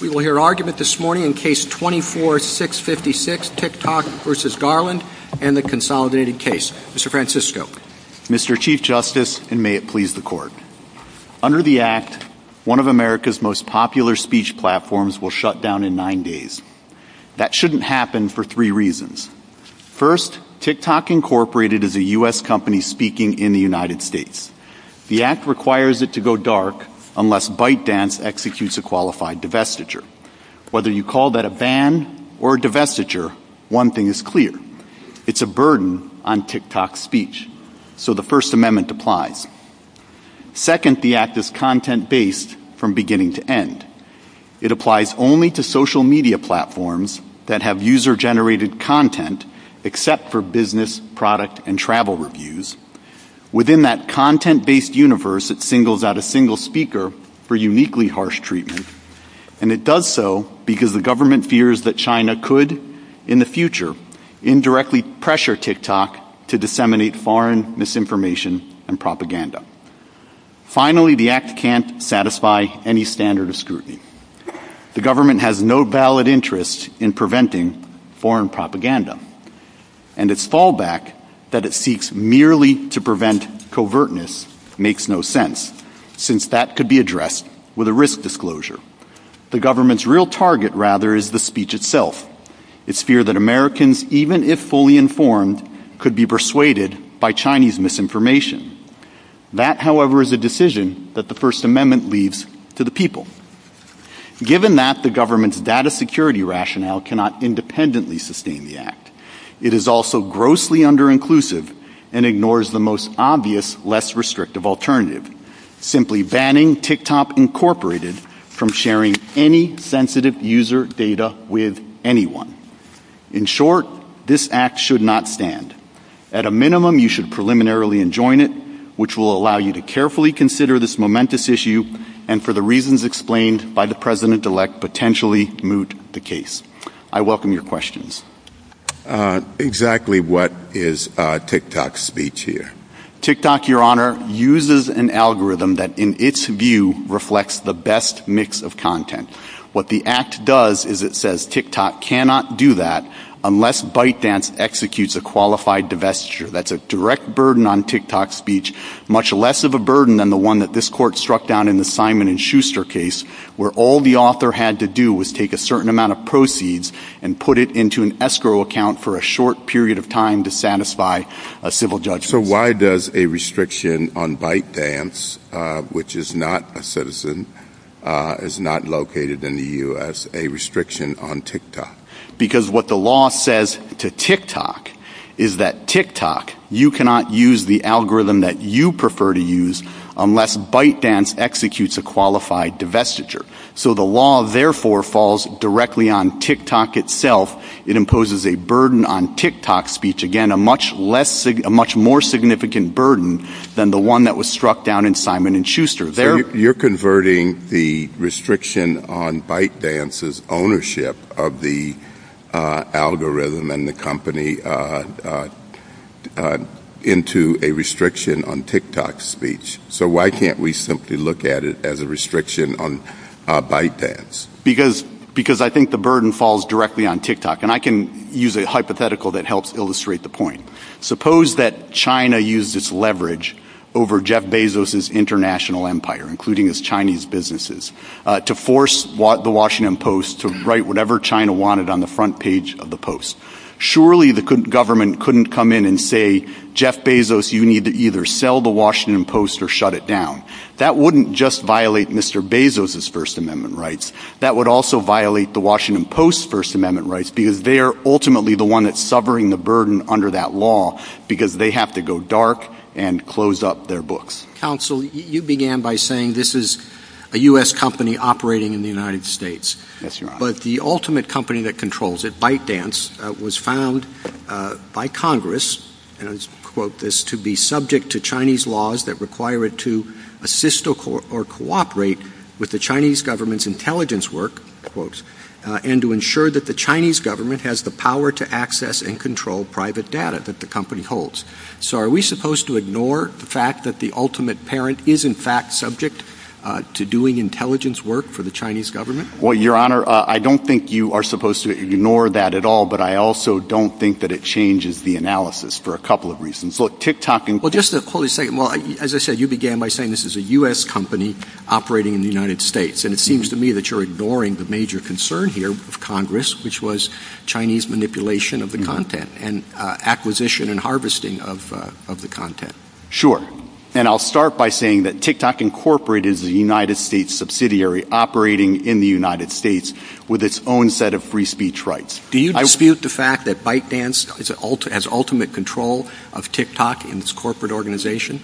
We will hear argument this morning in Case 24-656, TikTok v. Garland, and the consolidated case. Mr. Francisco. Mr. Chief Justice, and may it please the Court. Under the Act, one of America's most popular speech platforms will shut down in nine days. That shouldn't happen for three reasons. First, TikTok, Inc. is a U.S. company speaking in the United States. The Act requires it to go dark unless ByteDance executes a qualified divestiture. Whether you call that a ban or a divestiture, one thing is clear. It's a burden on TikTok's speech. So the First Amendment applies. Second, the Act is content-based from beginning to end. It applies only to social media platforms that have user-generated content, except for business, product, and travel reviews. Within that content-based universe, it singles out a single speaker for uniquely harsh treatment. And it does so because the government fears that China could, in the future, indirectly pressure TikTok to disseminate foreign misinformation and propaganda. Finally, the Act can't satisfy any standard of scrutiny. The government has no valid interest in preventing foreign propaganda. And its fallback that it seeks merely to prevent covertness makes no sense, since that could be addressed with a risk disclosure. The government's real target, rather, is the speech itself. It's feared that Americans, even if fully informed, could be persuaded by Chinese misinformation. That, however, is a decision that the First Amendment leaves to the people. Given that the government's data security rationale cannot independently sustain the Act, it is also grossly under-inclusive and ignores the most obvious, less restrictive alternative, simply banning TikTok Inc. from sharing any sensitive user data with anyone. In short, this Act should not stand. At a minimum, you should preliminarily enjoin it, which will allow you to carefully consider this momentous issue and, for the reasons explained by the President-elect, potentially moot the case. I welcome your questions. Exactly what is TikTok's speech here? TikTok, Your Honor, uses an algorithm that, in its view, reflects the best mix of content. What the Act does is it says TikTok cannot do that unless ByteDance executes a qualified divestiture. That's a direct burden on TikTok's speech, much less of a burden than the one that this court struck down in the Simon & Schuster case, where all the author had to do was take a certain amount of proceeds and put it into an escrow account for a short period of time to satisfy a civil judge. So why does a restriction on ByteDance, which is not a citizen, is not located in the U.S., a restriction on TikTok? Because what the law says to TikTok is that TikTok, you cannot use the algorithm that you prefer to use unless ByteDance executes a qualified divestiture. So the law, therefore, falls directly on TikTok itself. It imposes a burden on TikTok's speech, again, a much more significant burden than the one that was struck down in Simon & Schuster. You're converting the restriction on ByteDance's ownership of the algorithm and the company into a restriction on TikTok's speech. So why can't we simply look at it as a restriction on ByteDance? Because I think the burden falls directly on TikTok. And I can use a hypothetical that helps illustrate the point. Suppose that China used its leverage over Jeff Bezos's international empire, including his Chinese businesses, to force The Washington Post to write whatever China wanted on the front page of The Post. Surely the government couldn't come in and say, Jeff Bezos, you need to either sell The Washington Post or shut it down. That wouldn't just violate Mr. Bezos's First Amendment rights. That would also violate The Washington Post's First Amendment rights because they're ultimately the one that's suffering the burden under that law because they have to go dark and close up their books. Counsel, you began by saying this is a U.S. company operating in the United States. But the ultimate company that controls it, ByteDance, was found by Congress, and I quote this, to be subject to Chinese laws that require it to assist or cooperate with the Chinese government's intelligence work, and to ensure that the Chinese government has the power to access and control private data that the company holds. So are we supposed to ignore the fact that the ultimate parent is in fact subject to doing intelligence work for the Chinese government? Well, Your Honor, I don't think you are supposed to ignore that at all. But I also don't think that it changes the analysis for a couple of reasons. Look, TikTok and... Well, just a second. As I said, you began by saying this is a U.S. company operating in the United States. And it seems to me that you're ignoring the major concern here of Congress, which was Chinese manipulation of the content and acquisition and harvesting of the content. And I'll start by saying that TikTok Incorporated is a United States subsidiary operating in the United States with its own set of free speech rights. Do you dispute the fact that ByteDance has ultimate control of TikTok and its corporate organization?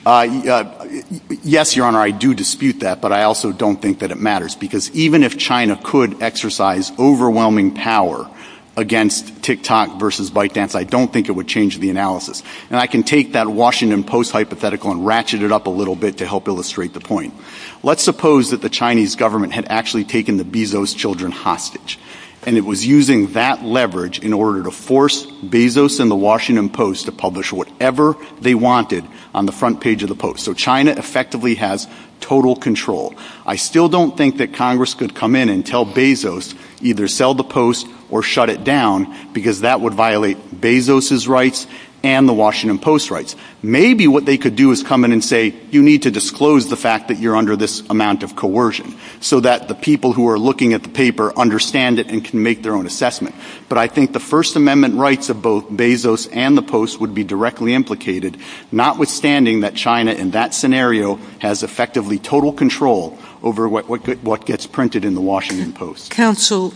Yes, Your Honor, I do dispute that, but I also don't think that it matters. Because even if China could exercise overwhelming power against TikTok versus ByteDance, I don't think it would change the analysis. And I can take that Washington Post hypothetical and ratchet it up a little bit to help illustrate the point. Let's suppose that the Chinese government had actually taken the Bezos children hostage. And it was using that leverage in order to force Bezos and the Washington Post to publish whatever they wanted on the front page of the Post. So China effectively has total control. I still don't think that Congress could come in and tell Bezos, either sell the Post or shut it down, because that would violate Bezos' rights and the Washington Post's rights. Maybe what they could do is come in and say, you need to disclose the fact that you're under this amount of coercion, so that the people who are looking at the paper understand it and can make their own assessment. But I think the First Amendment rights of both Bezos and the Post would be directly implicated, notwithstanding that China in that scenario has effectively total control over what gets printed in the Washington Post. Counsel,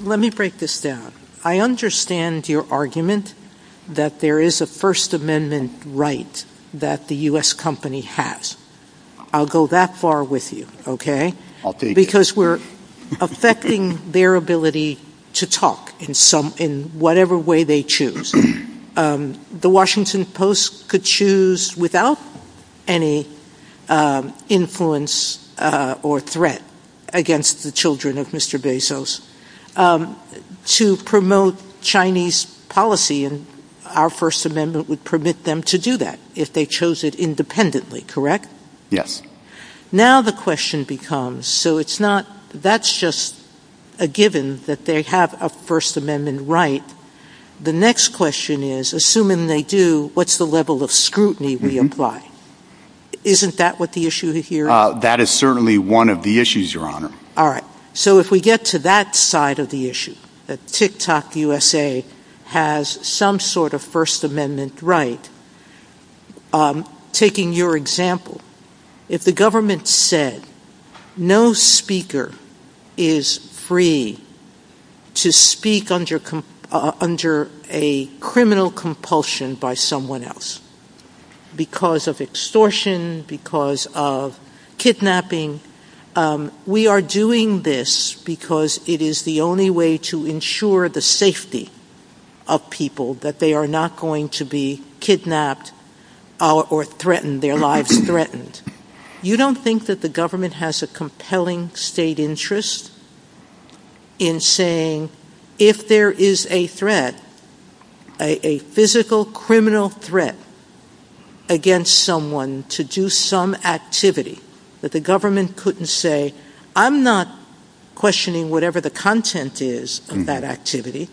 let me break this down. I understand your argument that there is a First Amendment right that the U.S. company has. I'll go that far with you, okay? Because we're affecting their ability to talk in whatever way they choose. The Washington Post could choose without any influence or threat against the children of Mr. Bezos to promote Chinese policy, and our First Amendment would permit them to do that if they chose it independently, correct? Yes. Now the question becomes, so that's just a given that they have a First Amendment right. The next question is, assuming they do, what's the level of scrutiny we apply? Isn't that what the issue here is? That is certainly one of the issues, Your Honor. All right. So if we get to that side of the issue, that TikTok USA has some sort of First Amendment right, taking your example, if the government said no speaker is free to speak under a criminal compulsion by someone else, because of extortion, because of kidnapping, we are doing this because it is the only way to ensure the safety of people, that they are not going to be kidnapped or threatened, their lives threatened. You don't think that the government has a compelling state interest in saying, if there is a threat, a physical criminal threat against someone to do some activity, that the government couldn't say, I'm not questioning whatever the content is of that activity.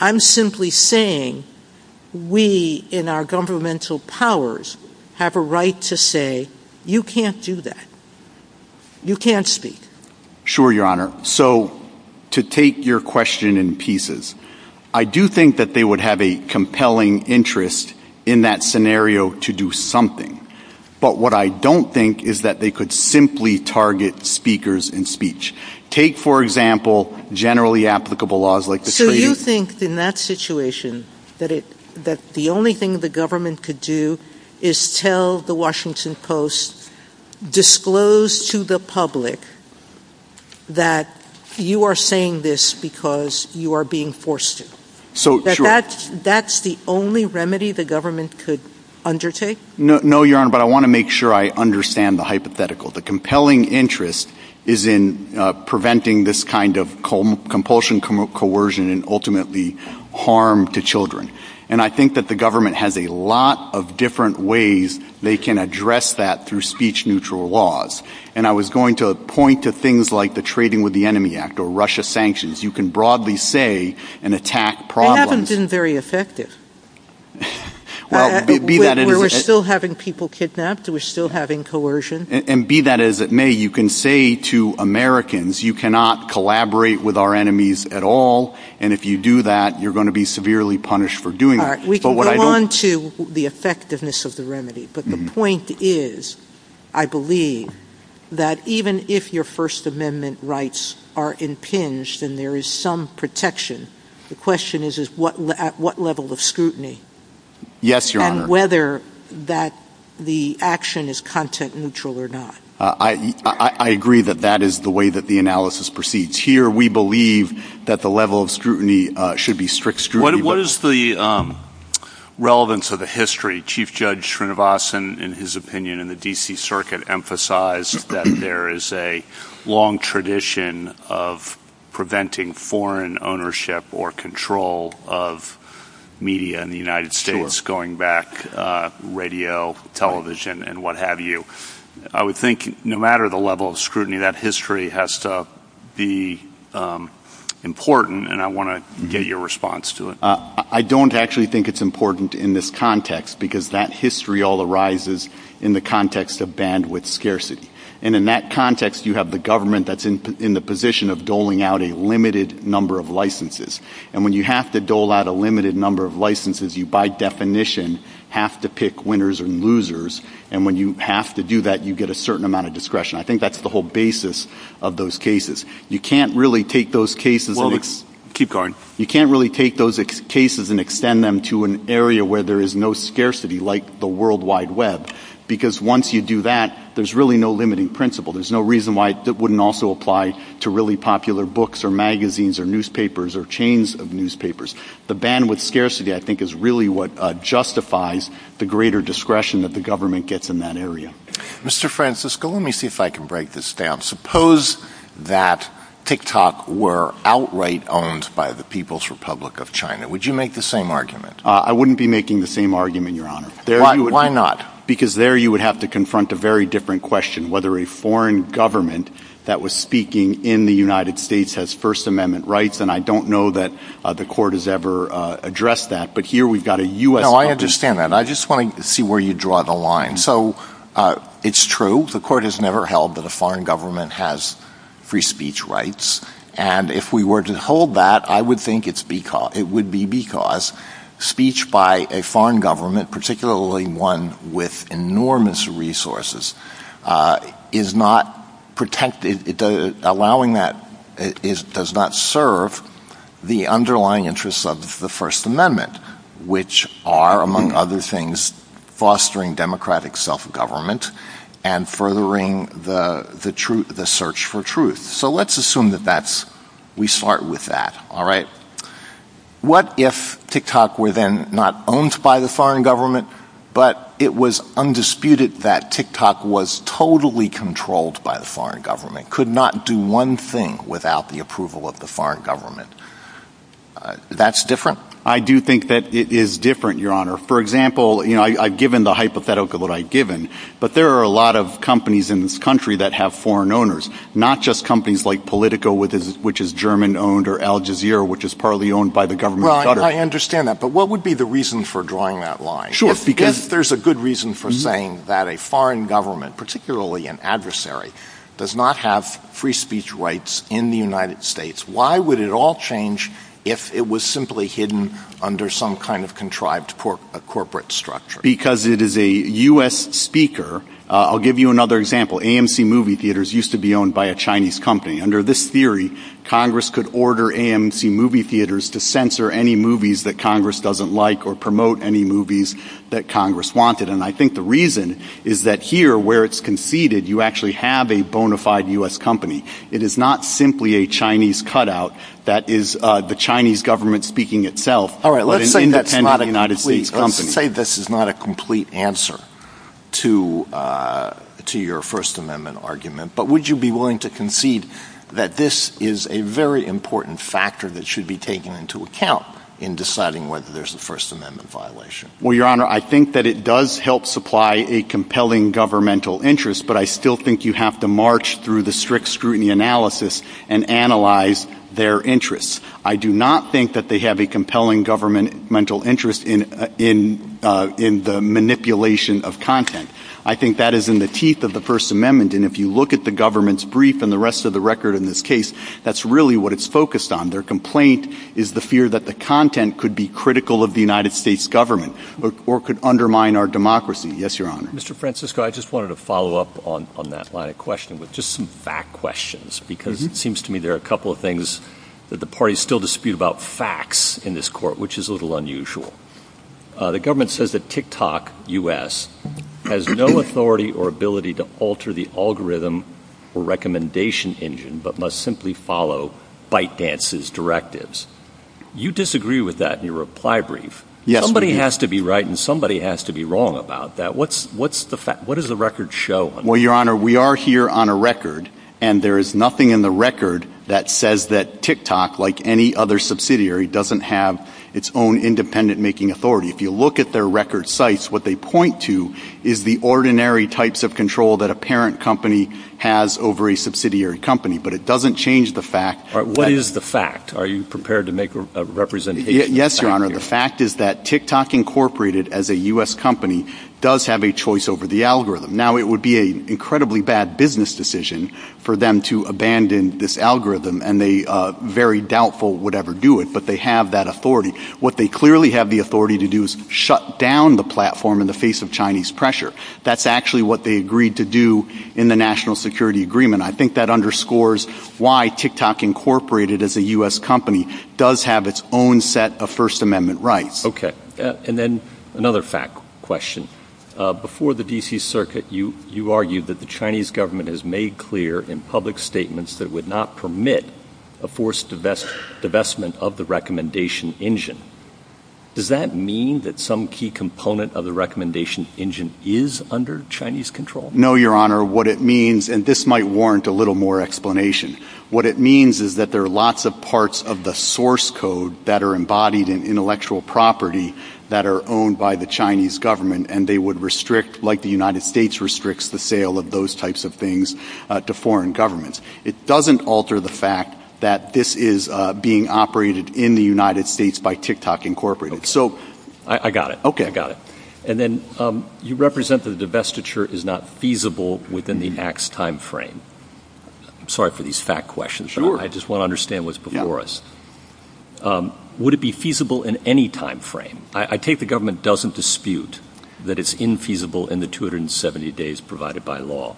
I'm simply saying, we in our governmental powers have a right to say, you can't do that. You can't speak. Sure, Your Honor. So to take your question in pieces, I do think that they would have a compelling interest in that scenario to do something. But what I don't think is that they could simply target speakers in speech. Take, for example, generally applicable laws like the treaty. Do you think in that situation that the only thing the government could do is tell the Washington Post, disclose to the public that you are saying this because you are being forced to? That that's the only remedy the government could undertake? No, Your Honor, but I want to make sure I understand the hypothetical. The compelling interest is in preventing this kind of compulsion, coercion, and ultimately harm to children. And I think that the government has a lot of different ways they can address that through speech neutral laws. And I was going to point to things like the Trading with the Enemy Act or Russia sanctions. You can broadly say an attack problem. They haven't been very effective. We're still having people kidnapped. We're still having coercion. And be that as it may, you can say to Americans, you cannot collaborate with our enemies at all. And if you do that, you're going to be severely punished for doing it. We can go on to the effectiveness of the remedy. But the point is, I believe, that even if your First Amendment rights are impinged and there is some protection, the question is at what level of scrutiny? Yes, Your Honor. And whether the action is content neutral or not. I agree that that is the way that the analysis proceeds. Here, we believe that the level of scrutiny should be strict scrutiny. What is the relevance of the history? Chief Judge Srinivasan, in his opinion, in the D.C. Circuit, emphasized that there is a long tradition of preventing foreign ownership or control of media in the United States, going back radio, television, and what have you. I would think no matter the level of scrutiny, that history has to be important. And I want to get your response to it. I don't actually think it's important in this context, because that history all arises in the context of bandwidth scarcity. And in that context, you have the government that's in the position of doling out a limited number of licenses. And when you have to dole out a limited number of licenses, you, by definition, have to pick winners and losers. And when you have to do that, you get a certain amount of discretion. I think that's the whole basis of those cases. You can't really take those cases and extend them to an area where there is no scarcity, like the World Wide Web. Because once you do that, there's really no limiting principle. There's no reason why it wouldn't also apply to really popular books or magazines or newspapers or chains of newspapers. The bandwidth scarcity, I think, is really what justifies the greater discretion that the government gets in that area. Mr. Francisco, let me see if I can break this down. Suppose that TikTok were outright owned by the People's Republic of China. Would you make the same argument? I wouldn't be making the same argument, Your Honor. Why not? Because there you would have to confront a very different question, whether a foreign government that was speaking in the United States has First Amendment rights. And I don't know that the court has ever addressed that. But here we've got a U.S. Congress. No, I understand that. I just want to see where you draw the line. So it's true. The court has never held that a foreign government has free speech rights. And if we were to hold that, I would think it would be because speech by a foreign government, particularly one with enormous resources, is not protected. Allowing that does not serve the underlying interests of the First Amendment, which are, among other things, fostering democratic self-government and furthering the search for truth. So let's assume that we start with that. What if TikTok were then not owned by the foreign government, but it was undisputed that TikTok was totally controlled by the foreign government, could not do one thing without the approval of the foreign government? That's different. I do think that it is different, Your Honor. For example, I've given the hypothetical that I've given. But there are a lot of companies in this country that have foreign owners, not just companies like Politico, which is German-owned, or Al Jazeera, which is partly owned by the government. I understand that. But what would be the reason for drawing that line? Sure. Because there's a good reason for saying that a foreign government, particularly an adversary, does not have free speech rights in the United States. Why would it all change if it was simply hidden under some kind of contrived corporate structure? Because it is a U.S. speaker. I'll give you another example. AMC movie theaters used to be owned by a Chinese company. Under this theory, Congress could order AMC movie theaters to censor any movies that Congress doesn't like or promote any movies that Congress wanted. And I think the reason is that here, where it's conceded, you actually have a bona fide U.S. company. It is not simply a Chinese cutout. That is the Chinese government speaking itself. All right. Let's say this is not a complete answer to your First Amendment argument. But would you be willing to concede that this is a very important factor that should be taken into account in deciding whether there's a First Amendment violation? Well, Your Honor, I think that it does help supply a compelling governmental interest. But I still think you have to march through the strict scrutiny analysis and analyze their interests. I do not think that they have a compelling governmental interest in the manipulation of content. I think that is in the teeth of the First Amendment. And if you look at the government's brief and the rest of the record in this case, that's really what it's focused on. Their complaint is the fear that the content could be critical of the United States government or could undermine our democracy. Yes, Your Honor. Mr. Francisco, I just wanted to follow up on that line of questioning with just some back questions, because it seems to me there are a couple of things that the parties still dispute about facts in this court, which is a little unusual. The government says that TikTok U.S. has no authority or ability to alter the algorithm or recommendation engine but must simply follow fight dances directives. You disagree with that in your reply brief. Somebody has to be right and somebody has to be wrong about that. What does the record show? Well, Your Honor, we are here on a record and there is nothing in the record that says that TikTok, like any other subsidiary, doesn't have its own independent making authority. If you look at their record sites, what they point to is the ordinary types of control that a parent company has over a subsidiary company. But it doesn't change the fact. What is the fact? Are you prepared to make a representation? Yes, Your Honor. The fact is that TikTok, incorporated as a U.S. company, does have a choice over the algorithm. Now, it would be an incredibly bad business decision for them to abandon this algorithm and a very doubtful would ever do it. But they have that authority. What they clearly have the authority to do is shut down the platform in the face of Chinese pressure. That's actually what they agreed to do in the national security agreement. I think that underscores why TikTok, incorporated as a U.S. company, does have its own set of First Amendment rights. And then another fact question. Before the D.C. Circuit, you argued that the Chinese government has made clear in public statements that it would not permit a forced divestment of the recommendation engine. Does that mean that some key component of the recommendation engine is under Chinese control? No, Your Honor. What it means, and this might warrant a little more explanation, what it means is that there are lots of parts of the source code that are embodied in intellectual property that are owned by the Chinese government. And they would restrict like the United States restricts the sale of those types of things to foreign governments. It doesn't alter the fact that this is being operated in the United States by TikTok, incorporated. So I got it. OK, I got it. And then you represent the divestiture is not feasible within the next time frame. Sorry for these fact questions. I just want to understand what's before us. Would it be feasible in any time frame? I take the government doesn't dispute that it's infeasible in the 270 days provided by law.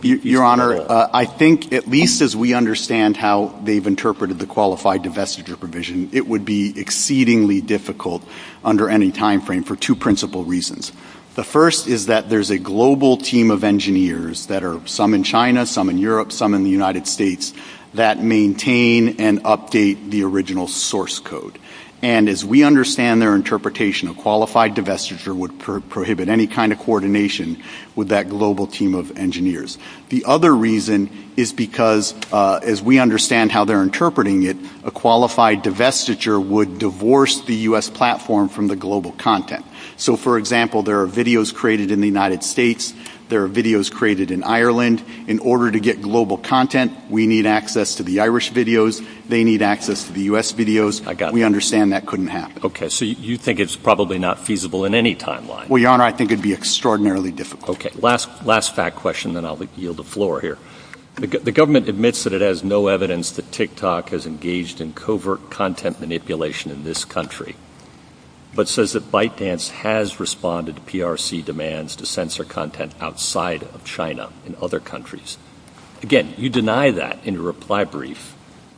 Your Honor, I think at least as we understand how they've interpreted the qualified divestiture provision, it would be exceedingly difficult under any time frame for two principal reasons. The first is that there's a global team of engineers that are some in China, some in Europe, some in the United States that maintain and update the original source code. And as we understand their interpretation, a qualified divestiture would prohibit any kind of coordination with that global team of engineers. The other reason is because, as we understand how they're interpreting it, a qualified divestiture would divorce the US platform from the global content. So, for example, there are videos created in the United States. There are videos created in Ireland. In order to get global content, we need access to the Irish videos. They need access to the US videos. We understand that couldn't happen. Okay, so you think it's probably not feasible in any timeline? Well, Your Honor, I think it'd be extraordinarily difficult. Okay, last fact question, then I'll yield the floor here. The government admits that it has no evidence that TikTok has engaged in covert content manipulation in this country, but says that ByteDance has responded to PRC demands to censor content outside of China and other countries. Again, you deny that in your reply brief.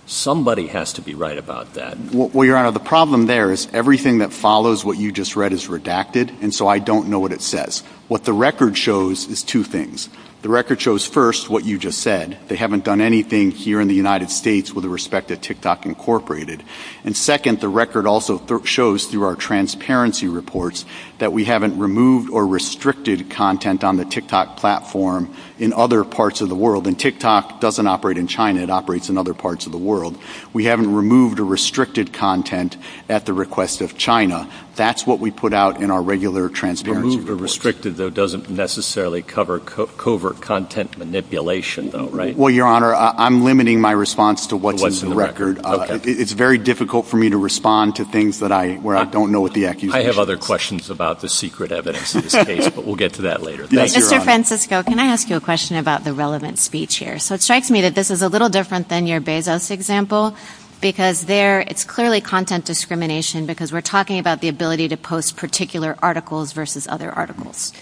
Somebody has to be right about that. Well, Your Honor, the problem there is everything that follows what you just read is redacted, and so I don't know what it says. What the record shows is two things. The record shows, first, what you just said. They haven't done anything here in the United States with the respect that TikTok incorporated. And second, the record also shows through our transparency reports that we haven't removed or restricted content on the TikTok platform in other parts of the world. And TikTok doesn't operate in China. It operates in other parts of the world. We haven't removed or restricted content at the request of China. That's what we put out in our regular transparency reports. Removed or restricted, though, doesn't necessarily cover covert content manipulation, though, right? Well, Your Honor, I'm limiting my response to what's in the record. It's very difficult for me to respond to things where I don't know what the accusation is. I have other questions about the secret evidence in this case, but we'll get to that later. Mr. Francisco, can I ask you a question about the relevant speech here? So it strikes me that this is a little different than your Bezos example because there is clearly content discrimination because we're talking about the ability to post particular articles versus other articles.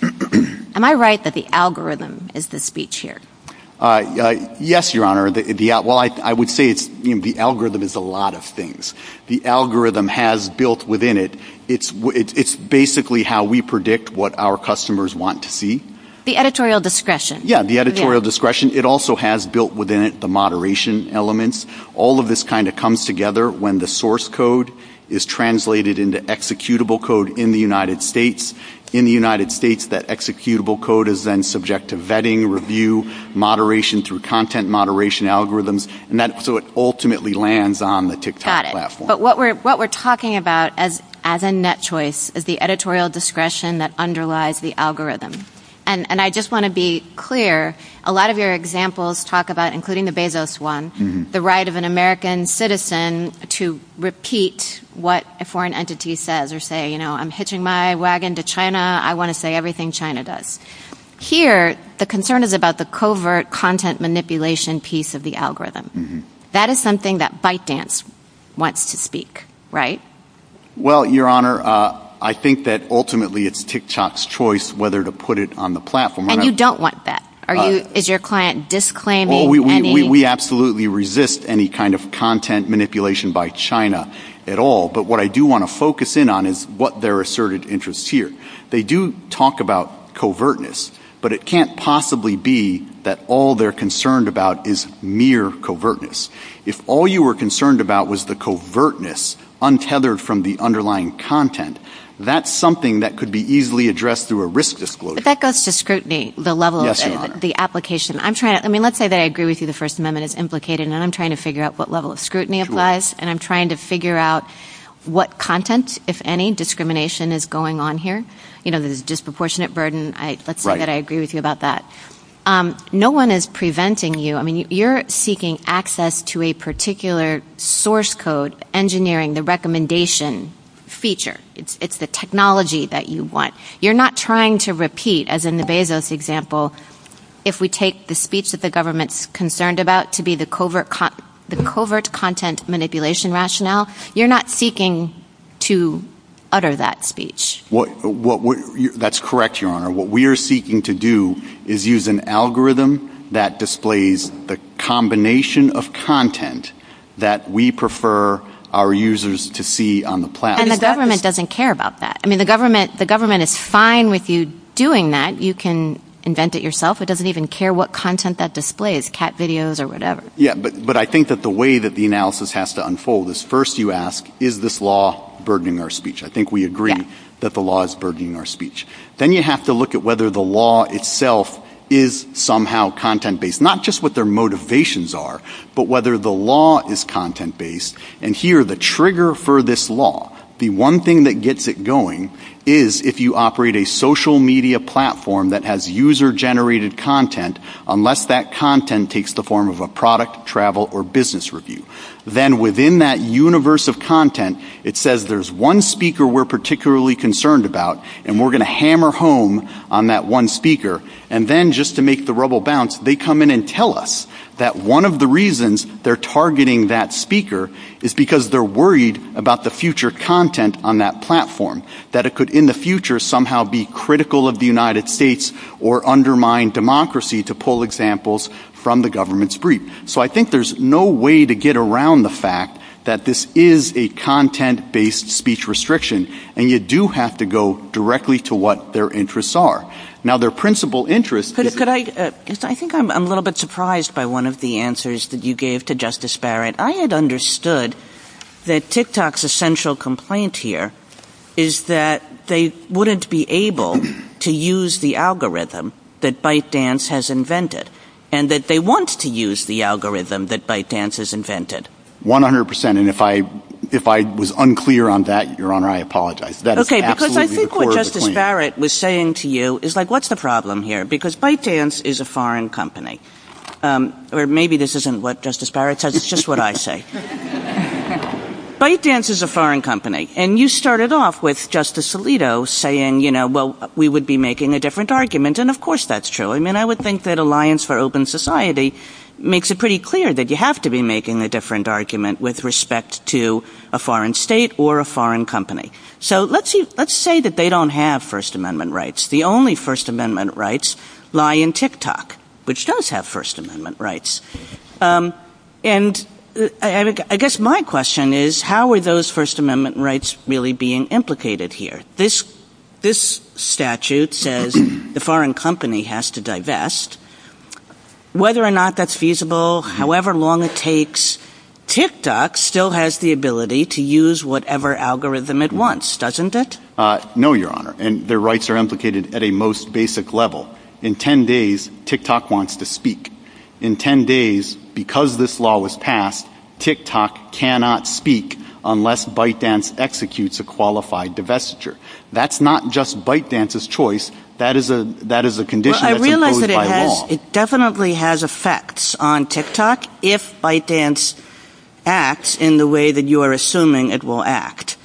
Am I right that the algorithm is the speech here? Yes, Your Honor. Well, I would say the algorithm is a lot of things. The algorithm has built within it. It's basically how we predict what our customers want to see. The editorial discretion. Yeah, the editorial discretion. It also has built within it the moderation elements. All of this kind of comes together when the source code is translated into executable code in the United States. In the United States, that executable code is then subject to vetting, review, moderation through content moderation algorithms. So it ultimately lands on the TikTok platform. Got it. But what we're talking about as a net choice is the editorial discretion that underlies the algorithm. And I just want to be clear, a lot of your examples talk about, including the Bezos one, the right of an American citizen to repeat what a foreign entity says or say, you know, I'm hitching my wagon to China. I want to say everything China does. Here, the concern is about the covert content manipulation piece of the algorithm. That is something that ByteDance wants to speak, right? Well, Your Honor, I think that ultimately it's TikTok's choice whether to put it on the platform. And you don't want that. Is your client disclaiming any? We absolutely resist any kind of content manipulation by China at all. But what I do want to focus in on is what their asserted interests here. They do talk about covertness, but it can't possibly be that all they're concerned about is mere covertness. If all you were concerned about was the covertness untethered from the underlying content, that's something that could be easily addressed through a risk disclosure. If that goes to scrutiny, the level of the application, I'm trying to I mean, let's say that I agree with you. The First Amendment is implicated and I'm trying to figure out what level of scrutiny applies. And I'm trying to figure out what content, if any, discrimination is going on here. You know, there's a disproportionate burden. Let's say that I agree with you about that. No one is preventing you. I mean, you're seeking access to a particular source code engineering the recommendation feature. It's the technology that you want. You're not trying to repeat, as in the Bezos example, if we take the speech that the government is concerned about to be the covert content manipulation rationale, you're not seeking to utter that speech. That's correct, Your Honor. What we are seeking to do is use an algorithm that displays the combination of content that we prefer our users to see on the platform. And the government doesn't care about that. I mean, the government is fine with you doing that. You can invent it yourself. It doesn't even care what content that displays, cat videos or whatever. Yeah, but I think that the way that the analysis has to unfold is first you ask, is this law burdening our speech? I think we agree that the law is burdening our speech. Then you have to look at whether the law itself is somehow content based, not just what their motivations are, but whether the law is content based. And here, the trigger for this law, the one thing that gets it going, is if you operate a social media platform that has user-generated content, unless that content takes the form of a product, travel, or business review. Then within that universe of content, it says there's one speaker we're particularly concerned about, and we're going to hammer home on that one speaker. And then just to make the rubble bounce, they come in and tell us that one of the reasons they're targeting that speaker is because they're worried about the future content on that platform, that it could in the future somehow be critical of the United States or undermine democracy, to pull examples from the government's brief. So I think there's no way to get around the fact that this is a content-based speech restriction, and you do have to go directly to what their interests are. I think I'm a little bit surprised by one of the answers that you gave to Justice Barrett. I had understood that TikTok's essential complaint here is that they wouldn't be able to use the algorithm that ByteDance has invented, and that they want to use the algorithm that ByteDance has invented. One hundred percent, and if I was unclear on that, Your Honor, I apologize. Okay, because I think what Justice Barrett was saying to you is, like, what's the problem here? Because ByteDance is a foreign company. Or maybe this isn't what Justice Barrett says, it's just what I say. ByteDance is a foreign company, and you started off with Justice Alito saying, you know, well, we would be making a different argument, and of course that's true. I mean, I would think that Alliance for Open Society makes it pretty clear that you have to be making a different argument with respect to a foreign state or a foreign company. So let's say that they don't have First Amendment rights. The only First Amendment rights lie in TikTok, which does have First Amendment rights. And I guess my question is, how are those First Amendment rights really being implicated here? This statute says the foreign company has to divest. Whether or not that's feasible, however long it takes, TikTok still has the ability to use whatever algorithm it wants, doesn't it? No, Your Honor, and their rights are implicated at a most basic level. In 10 days, TikTok wants to speak. In 10 days, because this law was passed, TikTok cannot speak unless ByteDance executes a qualified divestiture. That's not just ByteDance's choice, that is a condition that has been violated. It definitely has effects on TikTok if ByteDance acts in the way that you are assuming it will act.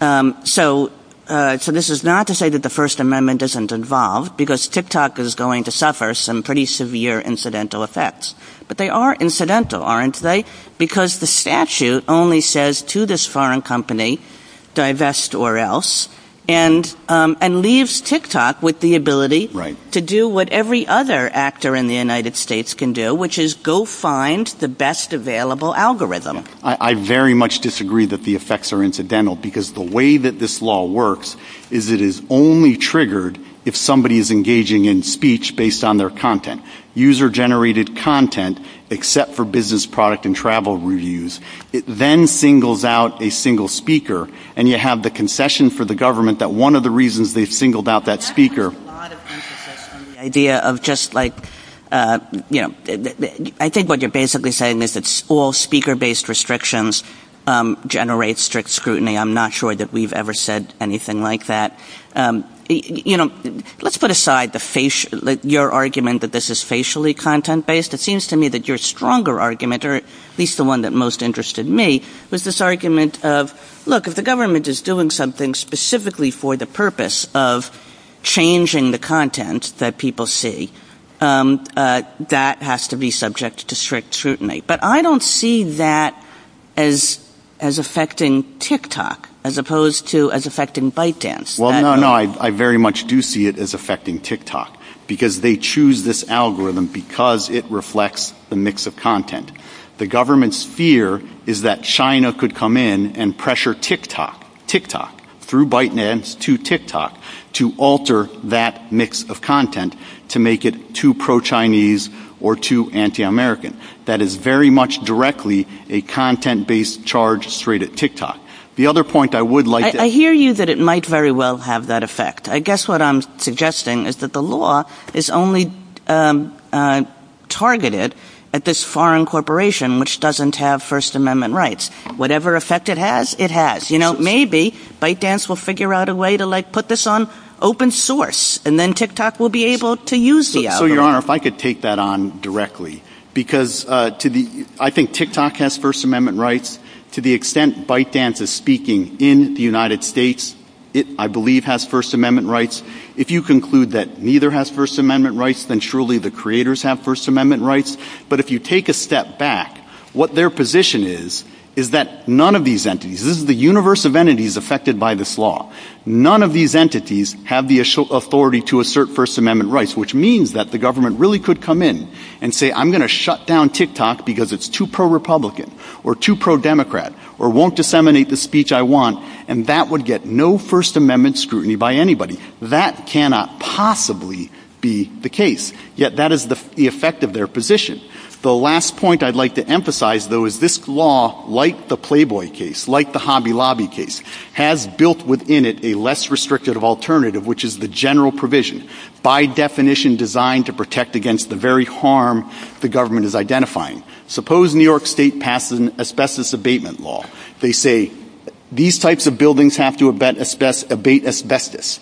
So this is not to say that the First Amendment isn't involved, because TikTok is going to suffer some pretty severe incidental effects. But they are incidental, aren't they? Because the statute only says to this foreign company, divest or else, and leaves TikTok with the ability to do what every other actor in the United States can do, which is go find the best available algorithm. I very much disagree that the effects are incidental, because the way that this law works is it is only triggered if somebody is engaging in speech based on their content. User-generated content, except for business product and travel reviews. It then singles out a single speaker, and you have the concession for the government that one of the reasons they singled out that speaker... I think what you're basically saying is that all speaker-based restrictions generate strict scrutiny. I'm not sure that we've ever said anything like that. Let's put aside your argument that this is facially content-based. It seems to me that your stronger argument, or at least the one that most interested me, was this argument of, look, if the government is doing something specifically for the purpose of changing the content that people see, that has to be subject to strict scrutiny. But I don't see that as affecting TikTok, as opposed to as affecting ByteDance. Well, no, no, I very much do see it as affecting TikTok, because they choose this algorithm because it reflects the mix of content. The government's fear is that China could come in and pressure TikTok through ByteDance to TikTok to alter that mix of content to make it too pro-Chinese or too anti-American. That is very much directly a content-based charge straight at TikTok. The other point I would like to... I hear you that it might very well have that effect. I guess what I'm suggesting is that the law is only targeted at this foreign corporation, which doesn't have First Amendment rights. Whatever effect it has, it has. Maybe ByteDance will figure out a way to put this on open source, and then TikTok will be able to use the algorithm. Your Honor, if I could take that on directly, because I think TikTok has First Amendment rights. To the extent ByteDance is speaking in the United States, it, I believe, has First Amendment rights. If you conclude that neither has First Amendment rights, then surely the creators have First Amendment rights. But if you take a step back, what their position is, is that none of these entities, this is the universe of entities affected by this law, none of these entities have the authority to assert First Amendment rights, which means that the government really could come in and say, I'm going to shut down TikTok because it's too pro-Republican or too pro-Democrat or won't disseminate the speech I want, and that would get no First Amendment scrutiny by anybody. That cannot possibly be the case, yet that is the effect of their position. The last point I'd like to emphasize, though, is this law, like the Playboy case, like the Hobby Lobby case, has built within it a less restrictive alternative, which is the general provision, by definition designed to protect against the very harm the government is identifying. Suppose New York State passes an asbestos abatement law. They say, these types of buildings have to abate asbestos.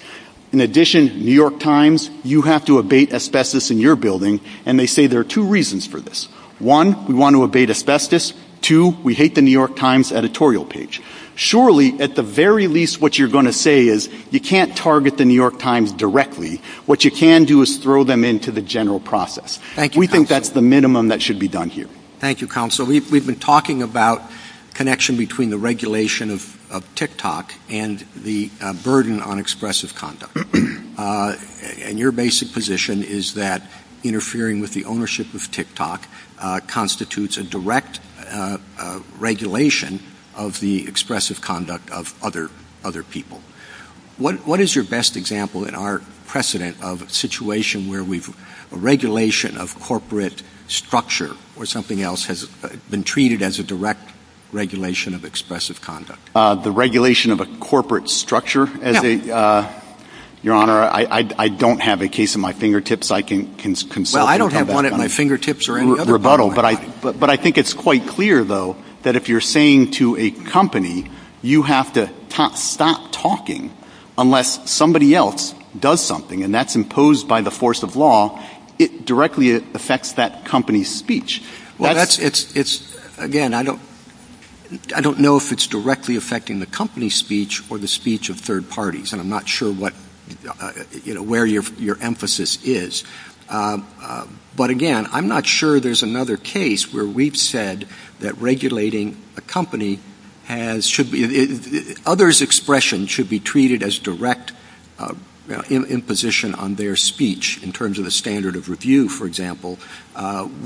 In addition, New York Times, you have to abate asbestos in your building, and they say there are two reasons for this. One, we want to abate asbestos. Two, we hate the New York Times editorial page. Surely, at the very least, what you're going to say is, you can't target the New York Times directly. What you can do is throw them into the general process. We think that's the minimum that should be done here. Thank you, Counsel. We've been talking about connection between the regulation of TikTok and the burden on expressive conduct, and your basic position is that interfering with the ownership of TikTok constitutes a direct regulation of the expressive conduct of other people. What is your best example in our precedent of a situation where regulation of corporate structure or something else has been treated as a direct regulation of expressive conduct? The regulation of a corporate structure? Your Honor, I don't have a case in my fingertips. I can consult you about that one. Well, I don't have one at my fingertips or any other place. But I think it's quite clear, though, that if you're saying to a company, you have to stop talking unless somebody else does something, and that's imposed by the force of law, it directly affects that company's speech. Again, I don't know if it's directly affecting the company's speech or the speech of third parties, and I'm not sure where your emphasis is. But again, I'm not sure there's another case where we've said that regulating a company, others' expression should be treated as direct imposition on their speech, in terms of the standard of review, for example,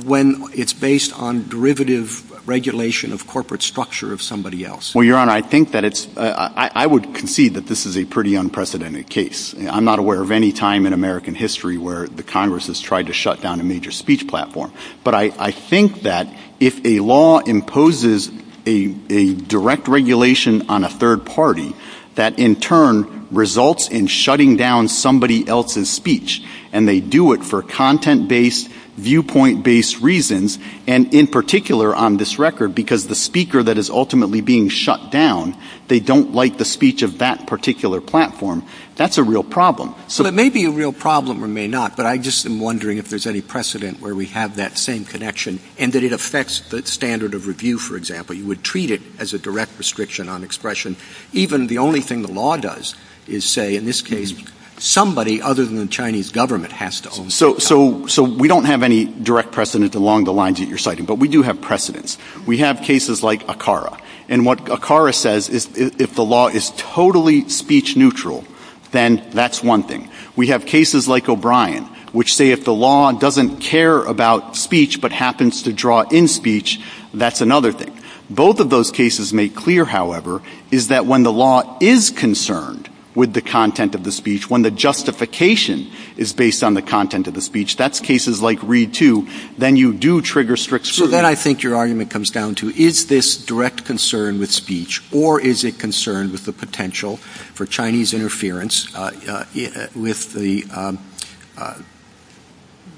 when it's based on derivative regulation of corporate structure of somebody else. Well, Your Honor, I would concede that this is a pretty unprecedented case. I'm not aware of any time in American history where the Congress has tried to shut down a major speech platform. But I think that if a law imposes a direct regulation on a third party, that in turn results in shutting down somebody else's speech, and they do it for content-based, viewpoint-based reasons, and in particular on this record, because the speaker that is ultimately being shut down, they don't like the speech of that particular platform. That's a real problem. So it may be a real problem or may not, but I'm just wondering if there's any precedent where we have that same connection, and that it affects the standard of review, for example. You would treat it as a direct restriction on expression. Even the only thing the law does is say, in this case, somebody other than the Chinese government has to own the company. So we don't have any direct precedent along the lines that you're citing, but we do have precedents. We have cases like ACARA. And what ACARA says is if the law is totally speech-neutral, then that's one thing. We have cases like O'Brien, which say if the law doesn't care about speech but happens to draw in speech, that's another thing. Both of those cases make clear, however, is that when the law is concerned with the content of the speech, when the justification is based on the content of the speech, that's cases like READ II, then you do trigger strict scrutiny. And then I think your argument comes down to, is this direct concern with speech, or is it concern with the potential for Chinese interference with the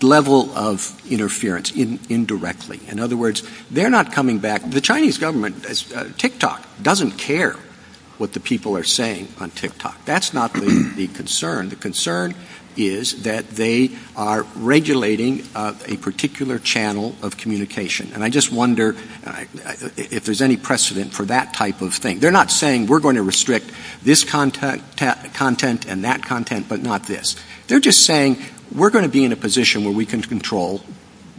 level of interference indirectly? In other words, they're not coming back. The Chinese government, TikTok, doesn't care what the people are saying on TikTok. That's not the concern. The concern is that they are regulating a particular channel of communication. And I just wonder if there's any precedent for that type of thing. They're not saying we're going to restrict this content and that content but not this. They're just saying we're going to be in a position where we can control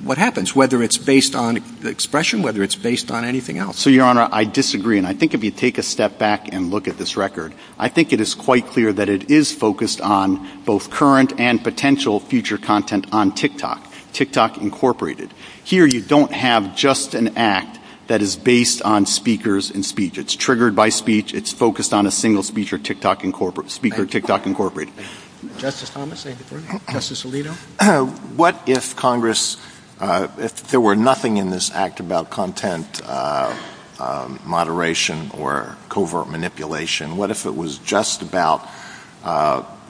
what happens, whether it's based on expression, whether it's based on anything else. So, Your Honor, I disagree. And I think if you take a step back and look at this record, I think it is quite clear that it is focused on both current and potential future content on TikTok, TikTok Incorporated. Here you don't have just an act that is based on speakers and speech. It's triggered by speech. It's focused on a single speech or TikTok Incorporated. Justice Thomas, Justice Alito? What if Congress, if there were nothing in this act about content moderation or covert manipulation, what if it was just about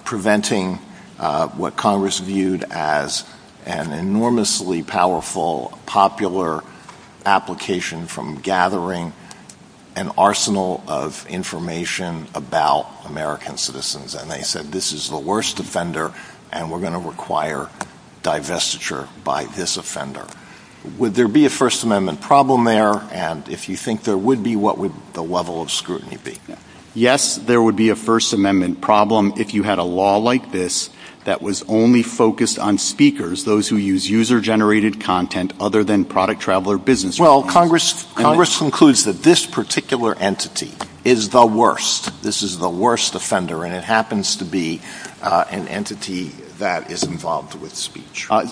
preventing what Congress viewed as an enormously powerful popular application from gathering an arsenal of information about American citizens? And they said this is the worst offender and we're going to require divestiture by this offender. Would there be a First Amendment problem there? And if you think there would be, what would the level of scrutiny be? Yes, there would be a First Amendment problem if you had a law like this that was only focused on speakers, those who use user-generated content other than product, travel, or business. Well, Congress concludes that this particular entity is the worst. This is the worst offender, and it happens to be an entity that is involved with speech. So I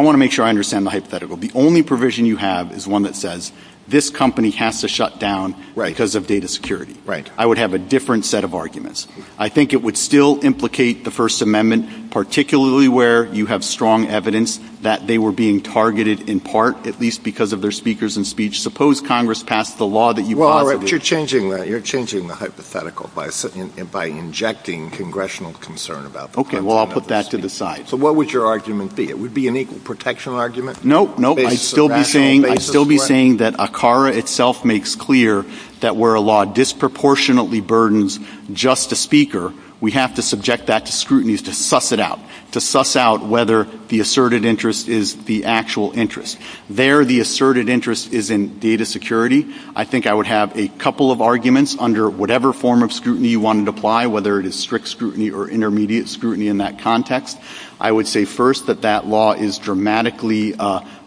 want to make sure I understand the hypothetical. The only provision you have is one that says this company has to shut down because of data security. I would have a different set of arguments. I think it would still implicate the First Amendment, particularly where you have strong evidence that they were being targeted in part, at least because of their speakers and speech. Suppose Congress passed the law that you brought. Well, you're changing the hypothetical by injecting congressional concern about this. Okay, well, I'll put that to the side. So what would your argument be? It would be an equal protection argument? No, I'd still be saying that ACARA itself makes clear that where a law disproportionately burdens just the speaker, we have to subject that to scrutiny to suss it out, to suss out whether the asserted interest is the actual interest. There, the asserted interest is in data security. I think I would have a couple of arguments under whatever form of scrutiny you wanted to apply, whether it is strict scrutiny or intermediate scrutiny in that context. I would say first that that law is dramatically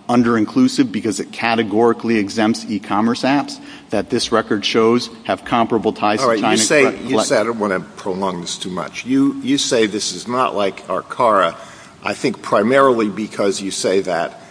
under-inclusive because it categorically exempts e-commerce apps that this record shows have comparable ties to China. All right, you say, I don't want to prolong this too much, you say this is not like ACARA, I think primarily because you say that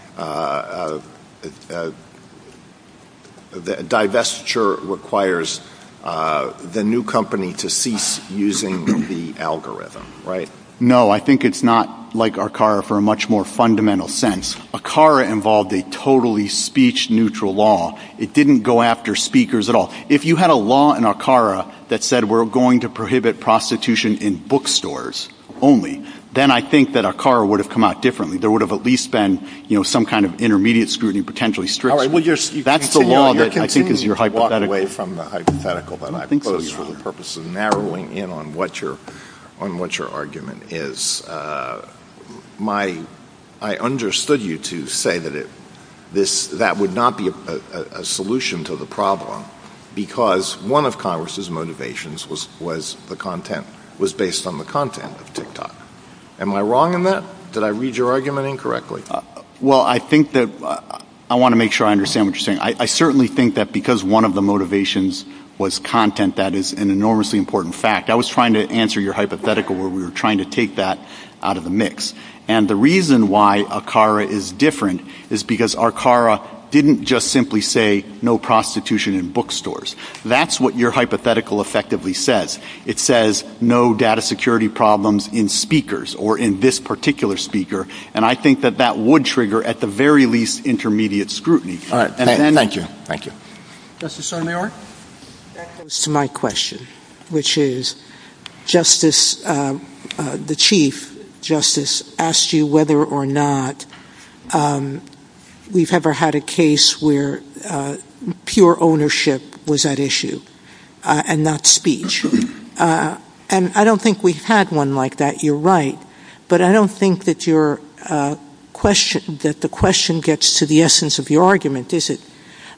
divestiture requires the new company to cease using the algorithm, right? No, I think it's not like ACARA for a much more fundamental sense. ACARA involved a totally speech-neutral law. It didn't go after speakers at all. If you had a law in ACARA that said we're going to prohibit prostitution in bookstores only, then I think that ACARA would have come out differently. There would have at least been some kind of intermediate scrutiny, potentially strict. All right, well, that's the law that I think is your hypothetical. All right, well, that's the law that I think is your hypothetical. I think it was for the purpose of narrowing in on what your argument is. I understood you to say that that would not be a solution to the problem because one of Congress's motivations was based on the content of TikTok. Am I wrong in that? Did I read your argument incorrectly? Well, I want to make sure I understand what you're saying. I certainly think that because one of the motivations was content, that is an enormously important fact. I was trying to answer your hypothetical where we were trying to take that out of the mix. And the reason why ACARA is different is because ACARA didn't just simply say no prostitution in bookstores. That's what your hypothetical effectively says. It says no data security problems in speakers or in this particular speaker. And I think that that would trigger at the very least intermediate scrutiny. All right. Thank you. Thank you. Justice Sotomayor? That goes to my question, which is the Chief Justice asked you whether or not we've ever had a case where pure ownership was at issue and not speech. And I don't think we've had one like that. You're right. But I don't think that the question gets to the essence of your argument, does it?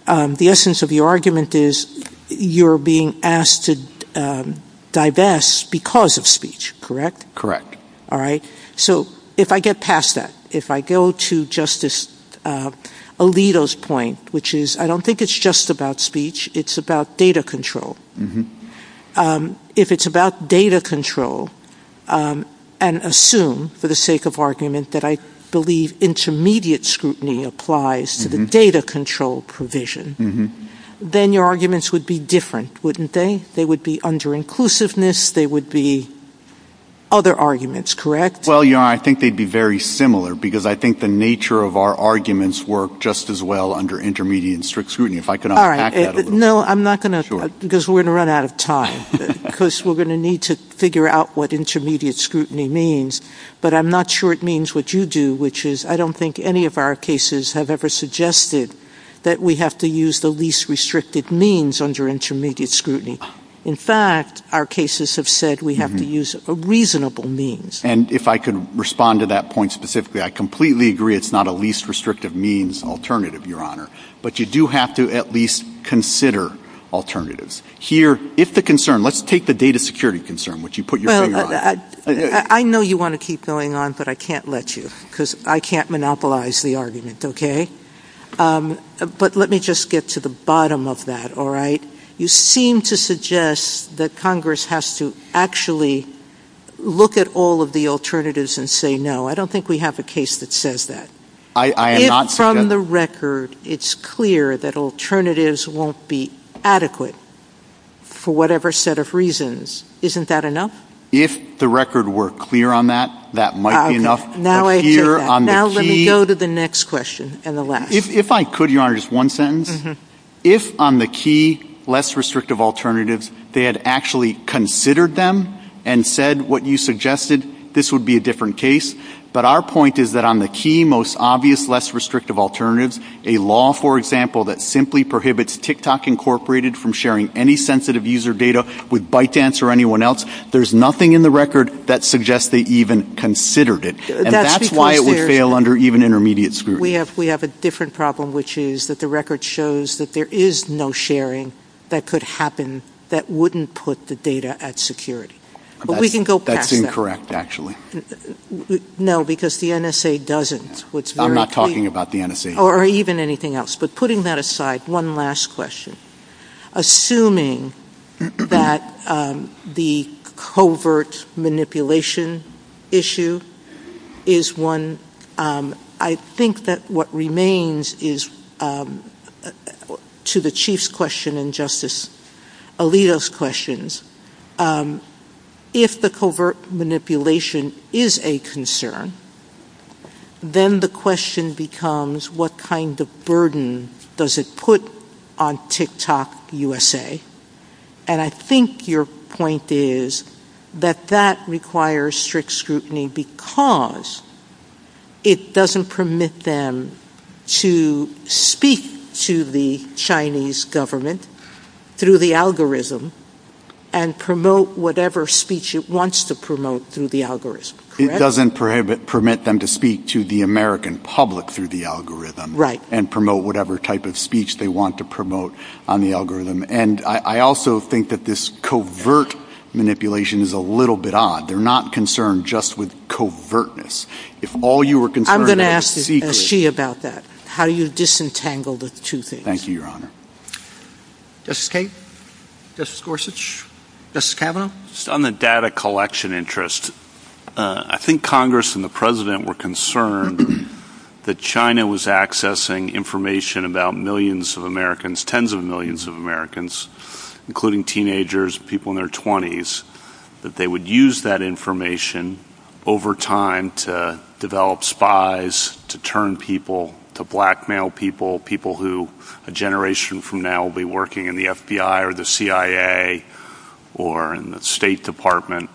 The essence of the argument is you're being asked to divest because of speech. Correct? All right. So if I get past that, if I go to Justice Alito's point, which is I don't think it's just about speech. It's about data control. If it's about data control and assume for the sake of argument that I believe intermediate scrutiny applies to the data control provision, then your arguments would be different, wouldn't they? They would be under inclusiveness. They would be other arguments. Correct? Well, you know, I think they'd be very similar because I think the nature of our arguments work just as well under intermediate and strict scrutiny. All right. No, I'm not going to because we're going to run out of time because we're going to need to figure out what intermediate scrutiny means. But I'm not sure it means what you do, which is I don't think any of our cases have ever suggested that we have to use the least restrictive means under intermediate scrutiny. In fact, our cases have said we have to use a reasonable means. And if I could respond to that point specifically, I completely agree it's not a least restrictive means alternative, Your Honor. But you do have to at least consider alternatives here. If the concern let's take the data security concern, which you put your finger on. I know you want to keep going on, but I can't let you because I can't monopolize the argument. OK, but let me just get to the bottom of that. All right. You seem to suggest that Congress has to actually look at all of the alternatives and say, no, I don't think we have a case that says that. I am not from the record. It's clear that alternatives won't be adequate for whatever set of reasons. Isn't that enough? If the record were clear on that, that might be enough. Now let me go to the next question. If I could, Your Honor, just one sentence. If on the key, less restrictive alternatives, they had actually considered them and said what you suggested, this would be a different case. But our point is that on the key, most obvious, less restrictive alternatives, a law, for example, that simply prohibits TikTok incorporated from sharing any sensitive user data with ByteDance or anyone else, there's nothing in the record that suggests they even considered it. And that's why it would fail under even intermediate scrutiny. We have a different problem, which is that the record shows that there is no sharing that could happen that wouldn't put the data at security. That's incorrect, actually. No, because the NSA doesn't. I'm not talking about the NSA. Or even anything else. But putting that aside, one last question. Assuming that the covert manipulation issue is one, I think that what remains is, to the Chief's question and Justice Alito's questions, if the covert manipulation is a concern, then the question becomes what kind of burden does it put on TikTok USA? And I think your point is that that requires strict scrutiny because it doesn't permit them to speak to the Chinese government through the algorithm and promote whatever speech it wants to promote through the algorithm. It doesn't permit them to speak to the American public through the algorithm. Right. And promote whatever type of speech they want to promote on the algorithm. And I also think that this covert manipulation is a little bit odd. They're not concerned just with covertness. If all you were concerned about was secrecy. I'm going to ask S.G. about that. How you disentangle the two things. Thank you, Your Honor. Justice Kate? Justice Gorsuch? Justice Kavanaugh? On the data collection interest, I think Congress and the President were concerned that China was accessing information about millions of Americans, tens of millions of Americans, including teenagers, people in their 20s. That they would use that information over time to develop spies, to turn people to blackmail people, people who a generation from now will be working in the FBI or the CIA or in the State Department.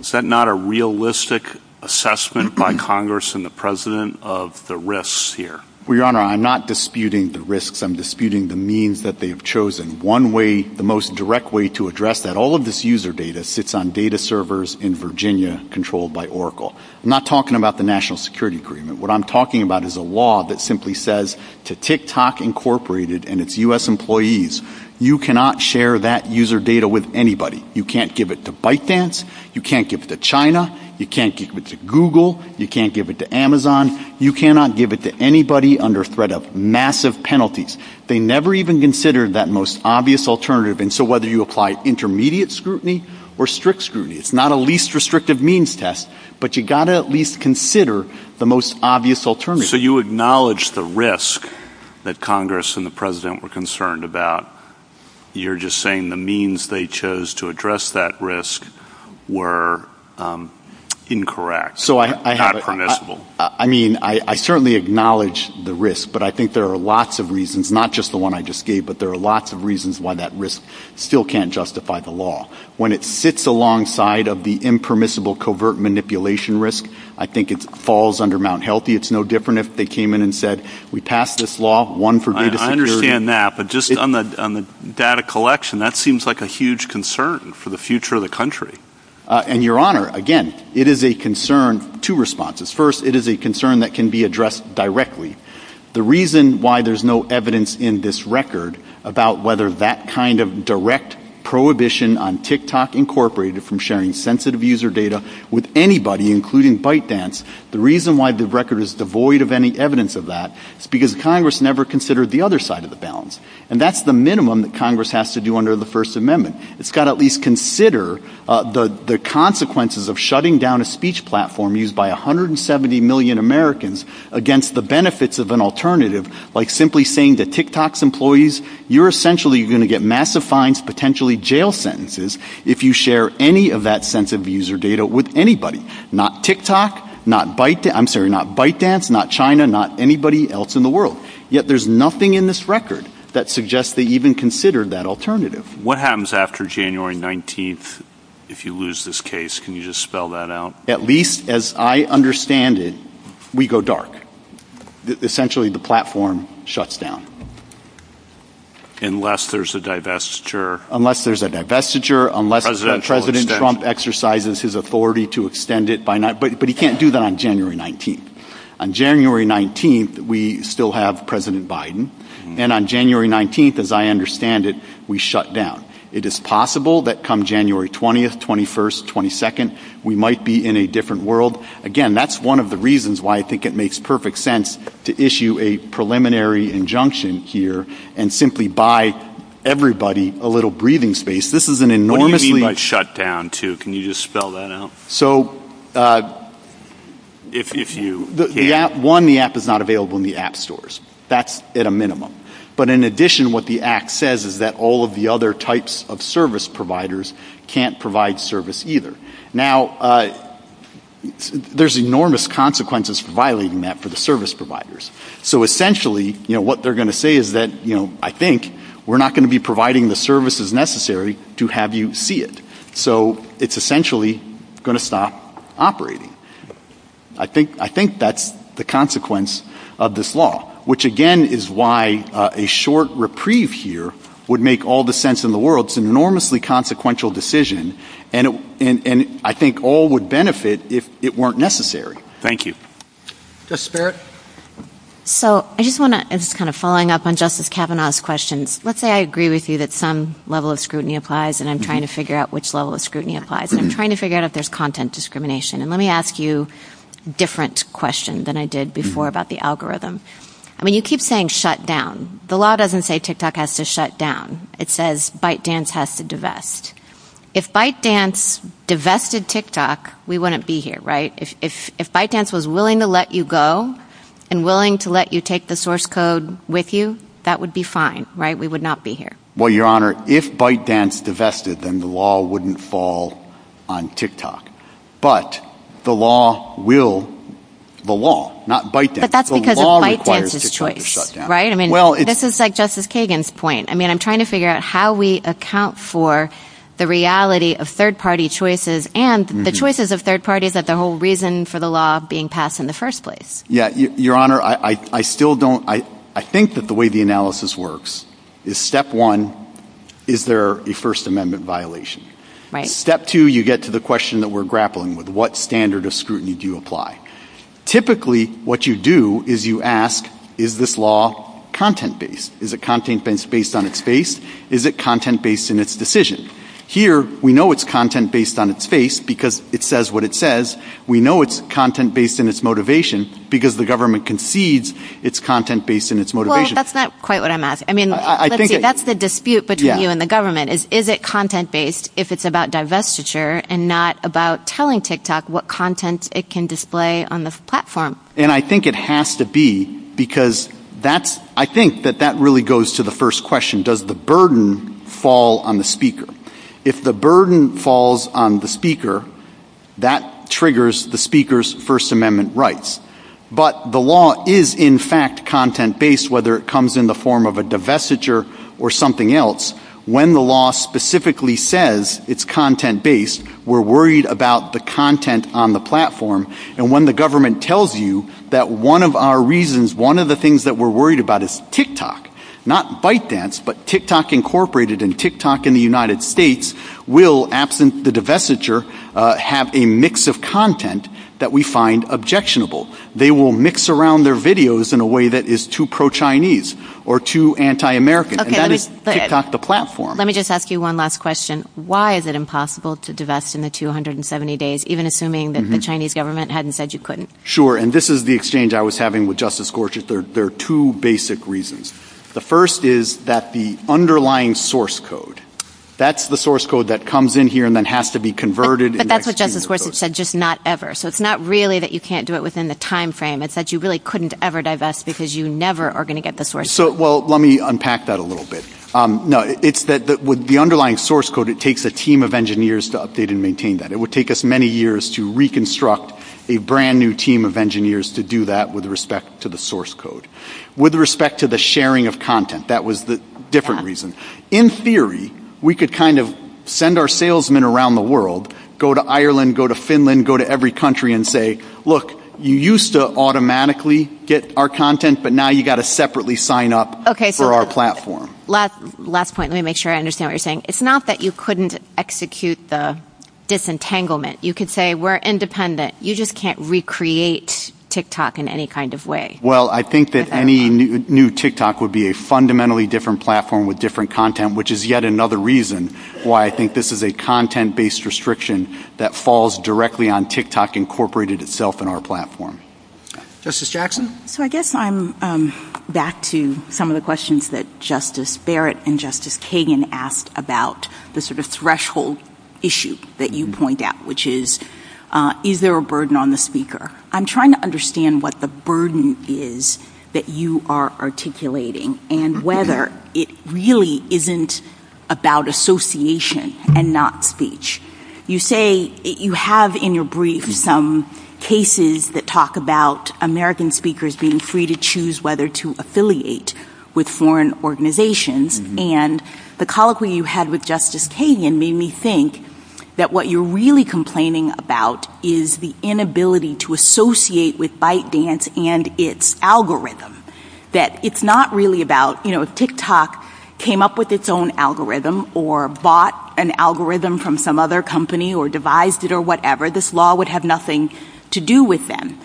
Is that not a realistic assessment by Congress and the President of the risks here? Well, Your Honor, I'm not disputing the risks. I'm disputing the means that they've chosen. One way, the most direct way to address that, all of this user data sits on data servers in Virginia controlled by Oracle. I'm not talking about the National Security Agreement. What I'm talking about is a law that simply says to TikTok Incorporated and its U.S. employees, you cannot share that user data with anybody. You can't give it to ByteDance. You can't give it to China. You can't give it to Google. You can't give it to Amazon. You cannot give it to anybody under threat of massive penalties. They never even considered that most obvious alternative. And so whether you apply intermediate scrutiny or strict scrutiny, it's not a least restrictive means test, but you've got to at least consider the most obvious alternative. So you acknowledge the risk that Congress and the President were concerned about. You're just saying the means they chose to address that risk were incorrect, not permissible. I mean, I certainly acknowledge the risk, but I think there are lots of reasons, not just the one I just gave, but there are lots of reasons why that risk still can't justify the law. When it sits alongside of the impermissible covert manipulation risk, I think it falls under Mount Healthy. It's no different if they came in and said, we passed this law, one for data security. I understand that, but just on the data collection, that seems like a huge concern for the future of the country. And, Your Honor, again, it is a concern. Two responses. First, it is a concern that can be addressed directly. The reason why there's no evidence in this record about whether that kind of direct prohibition on TikTok incorporated from sharing sensitive user data with anybody, including ByteDance, the reason why the record is devoid of any evidence of that is because Congress never considered the other side of the balance. And that's the minimum that Congress has to do under the First Amendment. It's got to at least consider the consequences of shutting down a speech platform used by 170 million Americans against the benefits of an alternative, like simply saying that TikTok's employees, you're essentially going to get massive fines, potentially jail sentences, if you share any of that sensitive user data with anybody, not TikTok, not ByteDance, not China, not anybody else in the world. Yet there's nothing in this record that suggests they even considered that alternative. What happens after January 19th if you lose this case? Can you just spell that out? At least as I understand it, we go dark. Essentially, the platform shuts down. Unless there's a divestiture. Unless there's a divestiture, unless President Trump exercises his authority to extend it by night. But he can't do that on January 19th. On January 19th, we still have President Biden. And on January 19th, as I understand it, we shut down. It is possible that come January 20th, 21st, 22nd, we might be in a different world. Again, that's one of the reasons why I think it makes perfect sense to issue a preliminary injunction here and simply buy everybody a little breathing space. What do you mean by shut down, too? Can you just spell that out? One, the app is not available in the app stores. That's at a minimum. But in addition, what the act says is that all of the other types of service providers can't provide service either. Now, there's enormous consequences for violating that for the service providers. So essentially, what they're going to say is that I think we're not going to be providing the services necessary to have you see it. So it's essentially going to stop operating. I think that's the consequence of this law, which, again, is why a short reprieve here would make all the sense in the world. It's an enormously consequential decision. And I think all would benefit if it weren't necessary. Thank you. Justice Barrett? So I just want to kind of following up on Justice Kavanaugh's questions. Let's say I agree with you that some level of scrutiny applies and I'm trying to figure out which level of scrutiny applies. I'm trying to figure out if there's content discrimination. And let me ask you a different question than I did before about the algorithm. I mean, you keep saying shut down. The law doesn't say TikTok has to shut down. It says ByteDance has to divest. If ByteDance divested TikTok, we wouldn't be here, right? If ByteDance was willing to let you go and willing to let you take the source code with you, that would be fine, right? We would not be here. Well, Your Honor, if ByteDance divested, then the law wouldn't fall on TikTok. But the law will. The law, not ByteDance. But that's because of ByteDance's choice. The law requires TikTok to shut down. Right? I mean, this is like Justice Kagan's point. I mean, I'm trying to figure out how we account for the reality of third party choices and the choices of third parties of the whole reason for the law being passed in the first place. Yeah. Your Honor, I still don't. I think that the way the analysis works is step one. Is there a First Amendment violation? Right. Step two, you get to the question that we're grappling with. What standard of scrutiny do you apply? Typically, what you do is you ask, is this law content based? Is it content based on its face? Is it content based in its decision? Here, we know it's content based on its face because it says what it says. We know it's content based in its motivation because the government concedes it's content based in its motivation. Well, that's not quite what I'm asking. I mean, that's the dispute between you and the government. Is it content based if it's about divestiture and not about telling TikTok what content it can display on the platform? And I think it has to be because I think that that really goes to the first question. Does the burden fall on the speaker? If the burden falls on the speaker, that triggers the speaker's First Amendment rights. But the law is, in fact, content based, whether it comes in the form of a divestiture or something else. When the law specifically says it's content based, we're worried about the content on the platform. And when the government tells you that one of our reasons, one of the things that we're worried about is TikTok, not ByteDance, but TikTok Incorporated and TikTok in the United States will, absent the divestiture, have a mix of content that we find objectionable. They will mix around their videos in a way that is too pro-Chinese or too anti-American. And that is TikTok the platform. Let me just ask you one last question. Why is it impossible to divest in the 270 days, even assuming that the Chinese government hadn't said you couldn't? Sure. And this is the exchange I was having with Justice Gorsuch. There are two basic reasons. The first is that the underlying source code, that's the source code that comes in here and then has to be converted. That's what Justice Gorsuch said, just not ever. So it's not really that you can't do it within the time frame. It's that you really couldn't ever divest because you never are going to get the source. So, well, let me unpack that a little bit. No, it's that with the underlying source code, it takes a team of engineers to update and maintain that. It would take us many years to reconstruct a brand new team of engineers to do that with respect to the source code. With respect to the sharing of content, that was the different reason. In theory, we could kind of send our salesmen around the world, go to Ireland, go to Finland, go to every country and say, look, you used to automatically get our content, but now you've got to separately sign up for our platform. Last point, let me make sure I understand what you're saying. It's not that you couldn't execute the disentanglement. You could say we're independent. You just can't recreate TikTok in any kind of way. Well, I think that any new TikTok would be a fundamentally different platform with different content, which is yet another reason why I think this is a content-based restriction that falls directly on TikTok incorporated itself in our platform. Justice Jackson? So I guess I'm back to some of the questions that Justice Barrett and Justice Kagan asked about the sort of threshold issue that you point out, which is, is there a burden on the speaker? I'm trying to understand what the burden is that you are articulating and whether it really isn't about association and not speech. You say you have in your brief some cases that talk about American speakers being free to choose whether to affiliate with foreign organizations. And the colloquy you had with Justice Kagan made me think that what you're really complaining about is the inability to associate with ByteDance and its algorithm. That it's not really about, you know, if TikTok came up with its own algorithm or bought an algorithm from some other company or devised it or whatever, this law would have nothing to do with them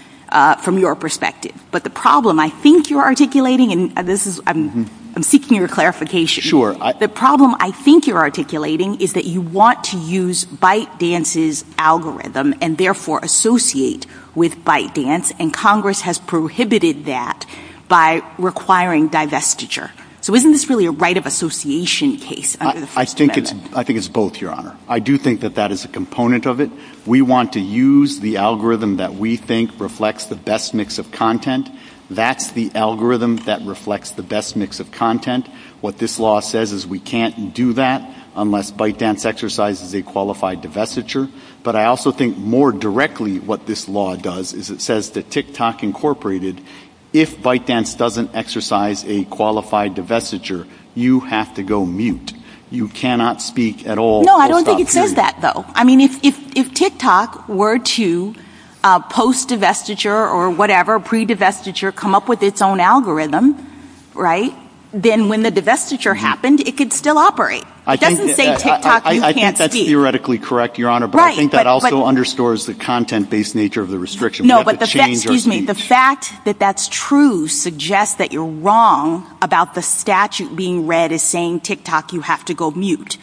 from your perspective. But the problem I think you're articulating, and this is, I'm seeking your clarification. The problem I think you're articulating is that you want to use ByteDance's algorithm and therefore associate with ByteDance, and Congress has prohibited that by requiring divestiture. So isn't this really a right of association case? I think it's both, Your Honor. I do think that that is a component of it. We want to use the algorithm that we think reflects the best mix of content. That's the algorithm that reflects the best mix of content. What this law says is we can't do that unless ByteDance exercises a qualified divestiture. But I also think more directly what this law does is it says that TikTok Incorporated, if ByteDance doesn't exercise a qualified divestiture, you have to go mute. You cannot speak at all. No, I don't think it says that, though. I mean, if TikTok were to post-divestiture or whatever, pre-divestiture, come up with its own algorithm, right, then when the divestiture happened, it could still operate. It doesn't say TikTok, you can't speak. I think that's theoretically correct, Your Honor, but I think that also understores the content-based nature of the restriction. No, but the fact that that's true suggests that you're wrong about the statute being read as saying TikTok, you have to go mute.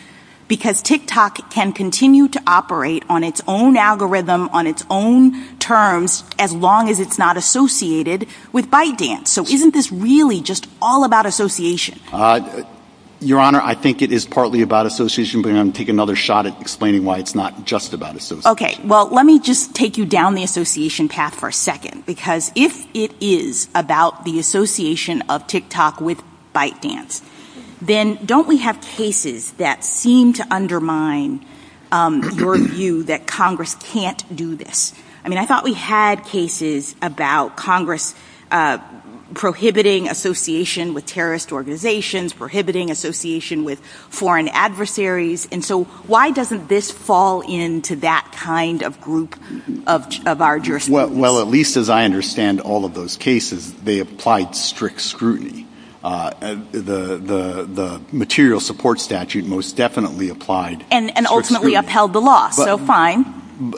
Because TikTok can continue to operate on its own algorithm, on its own terms, as long as it's not associated with ByteDance. So isn't this really just all about association? Your Honor, I think it is partly about association, but I'm going to take another shot at explaining why it's not just about association. Okay, well, let me just take you down the association path for a second, because if it is about the association of TikTok with ByteDance, then don't we have cases that seem to undermine your view that Congress can't do this? I mean, I thought we had cases about Congress prohibiting association with terrorist organizations, prohibiting association with foreign adversaries. And so why doesn't this fall into that kind of group of our jurisdiction? Well, at least as I understand all of those cases, they applied strict scrutiny. The material support statute most definitely applied strict scrutiny. And ultimately upheld the law, so fine.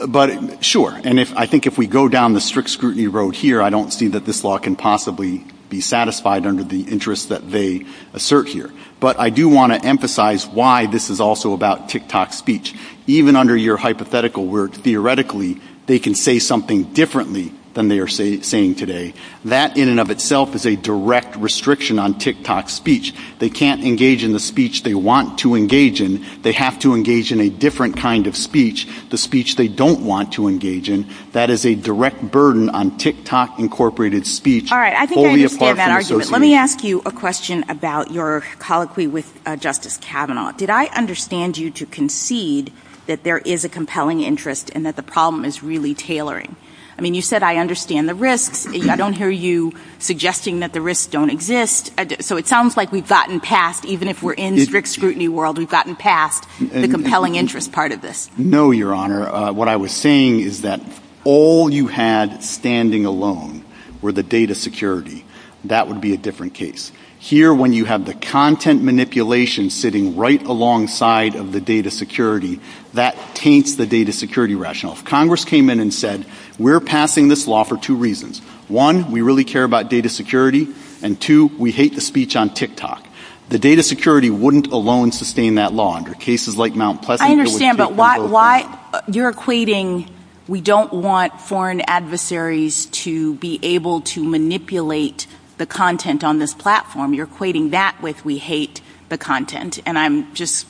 But, sure, and I think if we go down the strict scrutiny road here, I don't see that this law can possibly be satisfied under the interests that they assert here. But I do want to emphasize why this is also about TikTok speech. Even under your hypothetical work, theoretically, they can say something differently than they are saying today. That in and of itself is a direct restriction on TikTok speech. They can't engage in the speech they want to engage in. They have to engage in a different kind of speech, the speech they don't want to engage in. That is a direct burden on TikTok-incorporated speech. All right, I think I understand that argument. Let me ask you a question about your colloquy with Justice Kavanaugh. Did I understand you to concede that there is a compelling interest and that the problem is really tailoring? I mean, you said I understand the risks. I don't hear you suggesting that the risks don't exist. So it sounds like we've gotten past, even if we're in the strict scrutiny world, we've gotten past the compelling interest part of this. No, Your Honor. What I was saying is that all you had standing alone were the data security. That would be a different case. Here, when you have the content manipulation sitting right alongside of the data security, that taints the data security rationale. Congress came in and said, we're passing this law for two reasons. One, we really care about data security. And two, we hate the speech on TikTok. The data security wouldn't alone sustain that law under cases like Mount Pleasant. I understand, but you're equating we don't want foreign adversaries to be able to manipulate the content on this platform. You're equating that with we hate the content. And I'm just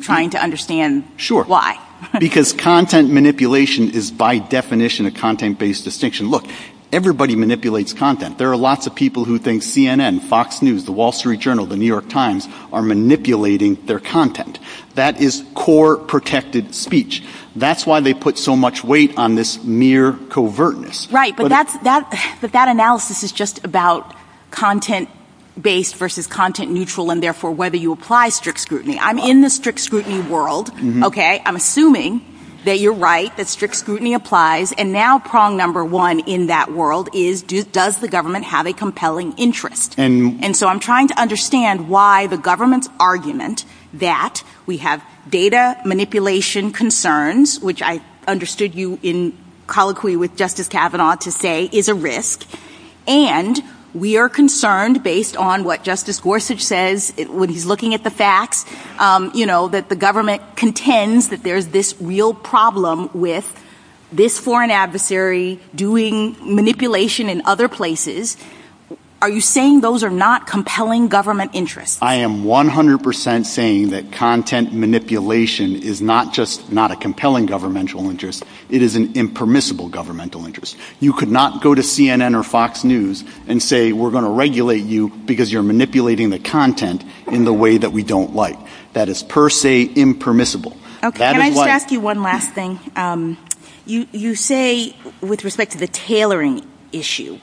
trying to understand why. Because content manipulation is by definition a content-based distinction. Look, everybody manipulates content. There are lots of people who think CNN, Fox News, The Wall Street Journal, The New York Times are manipulating their content. That is core protected speech. That's why they put so much weight on this mere covertness. But that analysis is just about content-based versus content-neutral and, therefore, whether you apply strict scrutiny. I'm in the strict scrutiny world. Okay. I'm assuming that you're right, that strict scrutiny applies. And now prong number one in that world is does the government have a compelling interest? And so I'm trying to understand why the government's argument that we have data manipulation concerns, which I understood you in colloquy with Justice Kavanaugh to say is a risk, and we are concerned based on what Justice Gorsuch says when he's looking at the facts, you know, that the government contends that there's this real problem with this foreign adversary doing manipulation in other places. Are you saying those are not compelling government interests? I am 100% saying that content manipulation is not just not a compelling governmental interest. It is an impermissible governmental interest. You could not go to CNN or Fox News and say we're going to regulate you because you're manipulating the content in the way that we don't like. That is per se impermissible. Okay. Can I just ask you one last thing? You say with respect to the tailoring issue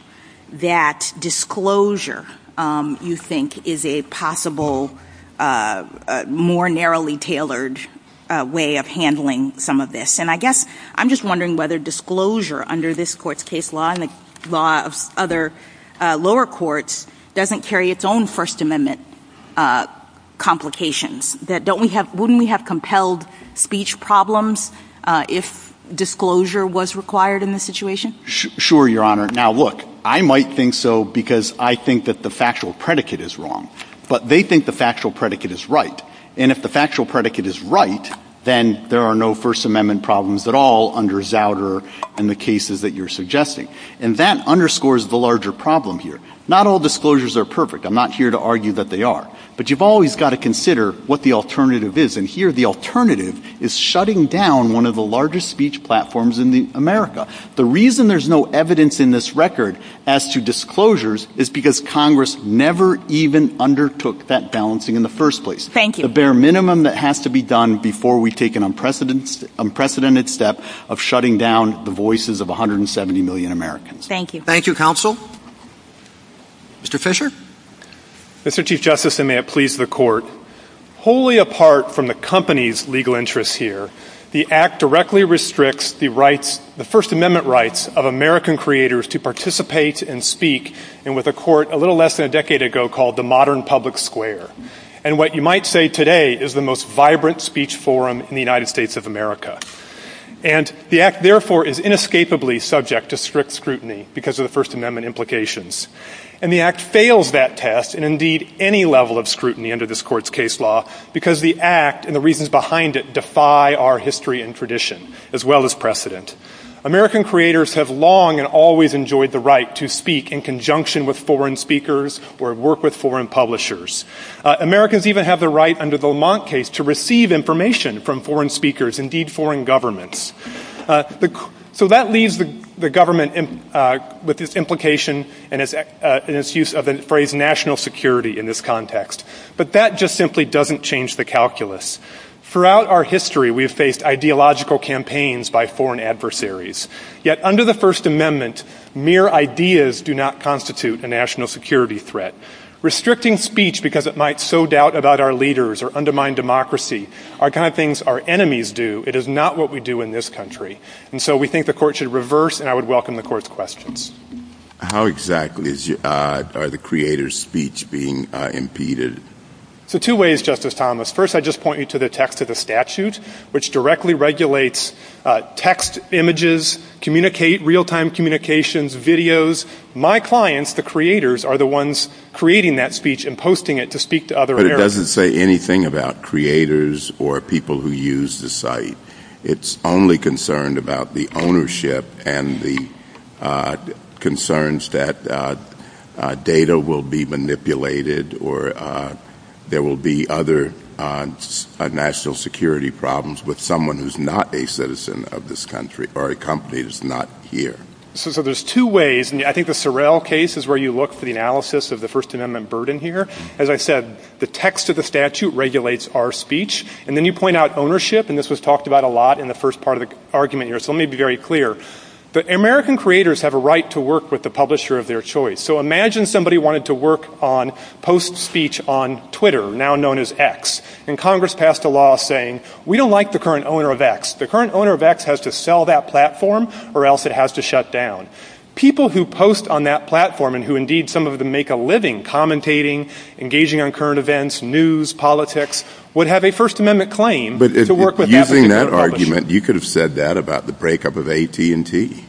that disclosure, you think, is a possible more narrowly tailored way of handling some of this. And I guess I'm just wondering whether disclosure under this court's case law and the law of other lower courts doesn't carry its own First Amendment complications. Wouldn't we have compelled speech problems if disclosure was required in this situation? Sure, Your Honor. Now, look, I might think so because I think that the factual predicate is wrong. But they think the factual predicate is right. And if the factual predicate is right, then there are no First Amendment problems at all under Zauder and the cases that you're suggesting. And that underscores the larger problem here. Not all disclosures are perfect. I'm not here to argue that they are. But you've always got to consider what the alternative is. And here the alternative is shutting down one of the largest speech platforms in America. The reason there's no evidence in this record as to disclosures is because Congress never even undertook that balancing in the first place. Thank you. The bare minimum that has to be done before we take an unprecedented step of shutting down the voices of 170 million Americans. Thank you. Thank you, counsel. Mr. Fisher? Mr. Chief Justice, and may it please the Court, wholly apart from the company's legal interests here, the Act directly restricts the rights, the First Amendment rights, of American creators to participate and speak in what the Court a little less than a decade ago called the modern public square. And what you might say today is the most vibrant speech forum in the United States of America. And the Act, therefore, is inescapably subject to strict scrutiny because of the First Amendment implications. And the Act fails that test, and indeed any level of scrutiny under this Court's case law, because the Act and the reasons behind it defy our history and tradition as well as precedent. American creators have long and always enjoyed the right to speak in conjunction with foreign speakers or work with foreign publishers. Americans even have the right under the Lamont case to receive information from foreign speakers, indeed foreign governments. So that leaves the government with its implication and its use of the phrase national security in this context. But that just simply doesn't change the calculus. Throughout our history, we've faced ideological campaigns by foreign adversaries. Yet under the First Amendment, mere ideas do not constitute a national security threat. Restricting speech because it might sow doubt about our leaders or undermine democracy are the kind of things our enemies do. It is not what we do in this country. And so we think the Court should reverse, and I would welcome the Court's questions. How exactly are the creators' speech being impeded? So two ways, Justice Thomas. First, I'd just point you to the text of the statute, which directly regulates text, images, communicate, real-time communications, videos. My clients, the creators, are the ones creating that speech and posting it to speak to other Americans. It doesn't say anything about creators or people who use the site. It's only concerned about the ownership and the concerns that data will be manipulated or there will be other national security problems with someone who's not a citizen of this country or a company that's not here. So there's two ways, and I think the Sorrell case is where you look for the analysis of the First Amendment burden here. As I said, the text of the statute regulates our speech, and then you point out ownership, and this was talked about a lot in the first part of the argument here, so let me be very clear. But American creators have a right to work with the publisher of their choice. So imagine somebody wanted to work on post-speech on Twitter, now known as X, and Congress passed a law saying, we don't like the current owner of X. The current owner of X has to sell that platform or else it has to shut down. People who post on that platform and who indeed some of them make a living commentating, engaging on current events, news, politics, would have a First Amendment claim to work with that publisher. But using that argument, you could have said that about the breakup of AT&T.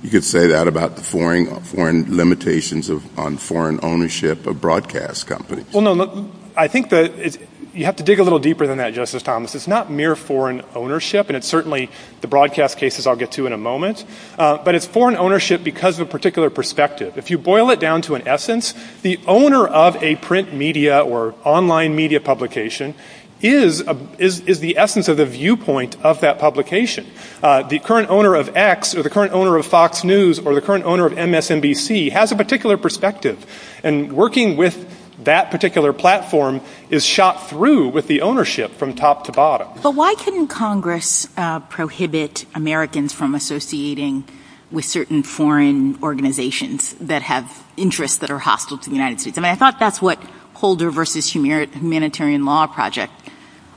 You could say that about the foreign limitations on foreign ownership of broadcast companies. Well, no, look, I think you have to dig a little deeper than that, Justice Thomas. It's not mere foreign ownership, and it's certainly the broadcast cases I'll get to in a moment, but it's foreign ownership because of a particular perspective. If you boil it down to an essence, the owner of a print media or online media publication is the essence of the viewpoint of that publication. The current owner of X or the current owner of Fox News or the current owner of MSNBC has a particular perspective, and working with that particular platform is shot through with the ownership from top to bottom. Why can Congress prohibit Americans from associating with certain foreign organizations that have interests that are hostile to the United States? I thought that's what Holder v. Humanitarian Law Project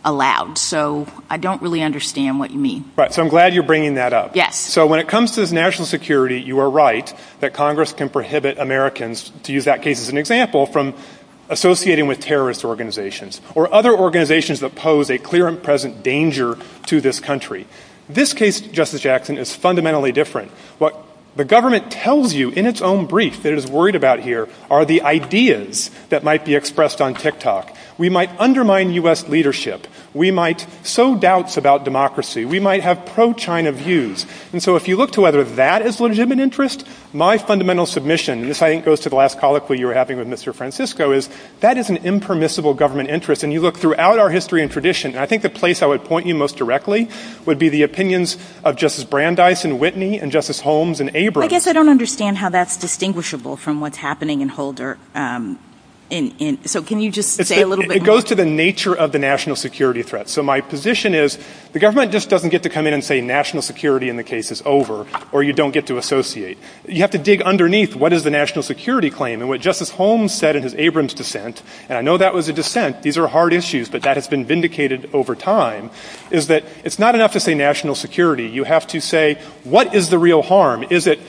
allowed, so I don't really understand what you mean. I'm glad you're bringing that up. When it comes to national security, you are right that Congress can prohibit Americans, to use that case as an example, from associating with terrorist organizations or other organizations that pose a clear and present danger to this country. This case, Justice Jackson, is fundamentally different. What the government tells you in its own brief that it is worried about here are the ideas that might be expressed on TikTok. We might undermine U.S. leadership. We might sow doubts about democracy. We might have pro-China views, and so if you look to whether that is a legitimate interest, my fundamental submission, and this, I think, goes to the last colloquy you were having with Mr. Francisco, is that is an impermissible government interest, and you look throughout our history and tradition, and I think the place I would point you most directly would be the opinions of Justice Brandeis and Whitney and Justice Holmes and Abrams. I guess I don't understand how that's distinguishable from what's happening in Holder. So can you just say a little bit more? It goes to the nature of the national security threat. So my position is the government just doesn't get to come in and say national security in the case is over, or you don't get to associate. You have to dig underneath what is the national security claim, and what Justice Holmes said in his Abrams dissent, and I know that was a dissent. These are hard issues, but that has been vindicated over time, is that it's not enough to say national security. You have to say what is the real harm. Is it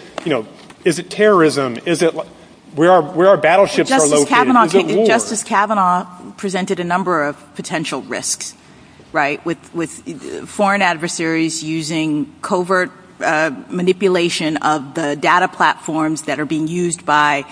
terrorism? Is it where our battleships are located? Is it war? Justice Kavanaugh presented a number of potential risks, right, with foreign adversaries using covert manipulation of the data platforms that are being used by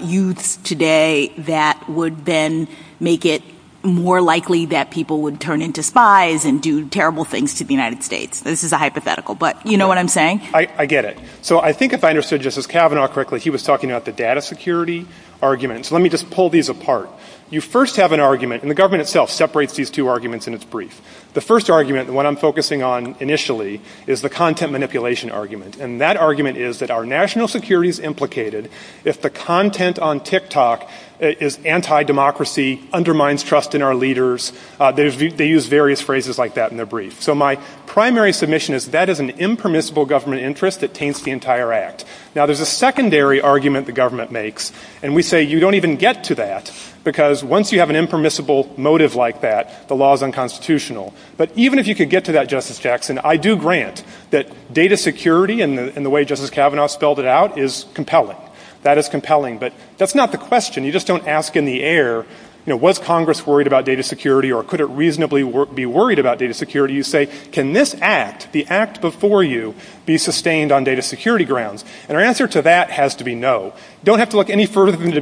youth today that would then make it more likely that people would turn into spies and do terrible things to the United States. This is a hypothetical, but you know what I'm saying? I get it. So I think if I understood Justice Kavanaugh correctly, he was talking about the data security argument. So let me just pull these apart. You first have an argument, and the government itself separates these two arguments in its brief. The first argument, the one I'm focusing on initially, is the content manipulation argument, and that argument is that our national security is implicated if the content on TikTok is anti-democracy, undermines trust in our leaders. They use various phrases like that in their brief. So my primary submission is that is an impermissible government interest that taints the entire act. Now, there's a secondary argument the government makes, and we say you don't even get to that, because once you have an impermissible motive like that, the law is unconstitutional. But even if you could get to that, Justice Jackson, I do grant that data security and the way Justice Kavanaugh spelled it out is compelling. That is compelling. But that's not the question. You just don't ask in the air, you know, was Congress worried about data security or could it reasonably be worried about data security? You say, can this act, the act before you, be sustained on data security grounds? And our answer to that has to be no. Don't have to look any further than the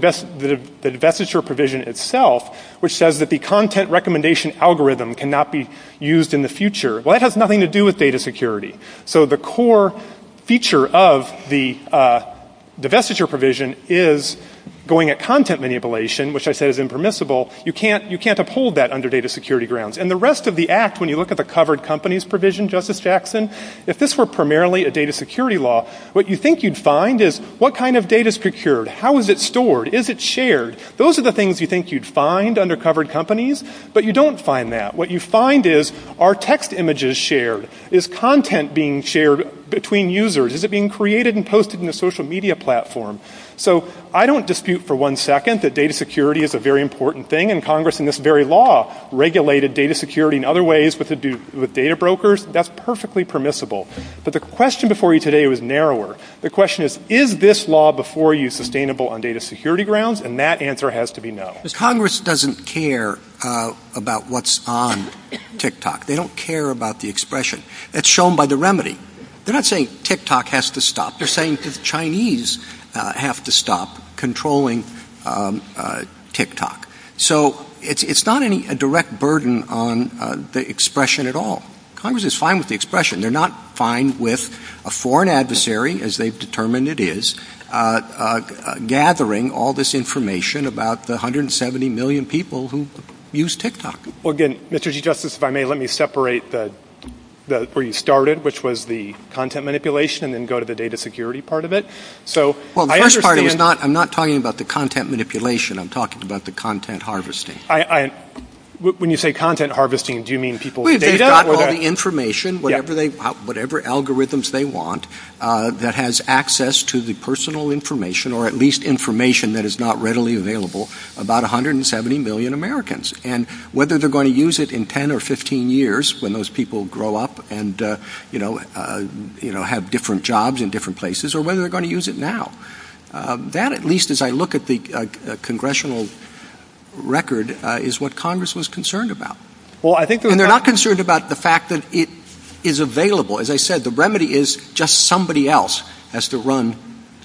divestiture provision itself, which says that the content recommendation algorithm cannot be used in the future. Well, that has nothing to do with data security. So the core feature of the divestiture provision is going at content manipulation, which I said is impermissible. You can't uphold that under data security grounds. And the rest of the act, when you look at the covered companies provision, Justice Jackson, if this were primarily a data security law, what you think you'd find is what kind of data is procured? How is it stored? Is it shared? Those are the things you think you'd find under covered companies, but you don't find that. What you find is, are text images shared? Is content being shared between users? Is it being created and posted in the social media platform? So I don't dispute for one second that data security is a very important thing, and Congress in this very law regulated data security in other ways with data brokers. That's perfectly permissible. But the question before you today was narrower. The question is, is this law before you sustainable on data security grounds? And that answer has to be no. Congress doesn't care about what's on TikTok. They don't care about the expression. That's shown by the remedy. They're not saying TikTok has to stop. They're saying the Chinese have to stop controlling TikTok. So it's not a direct burden on the expression at all. Congress is fine with the expression. They're not fine with a foreign adversary, as they've determined it is, gathering all this information about the 170 million people who use TikTok. Well, again, Mr. Chief Justice, if I may, let me separate where you started, which was the content manipulation, and then go to the data security part of it. Well, I'm not talking about the content manipulation. I'm talking about the content harvesting. When you say content harvesting, do you mean people's data? Not all the information, whatever algorithms they want, that has access to the personal information, or at least information that is not readily available, about 170 million Americans, and whether they're going to use it in 10 or 15 years when those people grow up and have different jobs in different places, or whether they're going to use it now. That, at least as I look at the congressional record, is what Congress was concerned about. And they're not concerned about the fact that it is available. As I said, the remedy is just somebody else has to run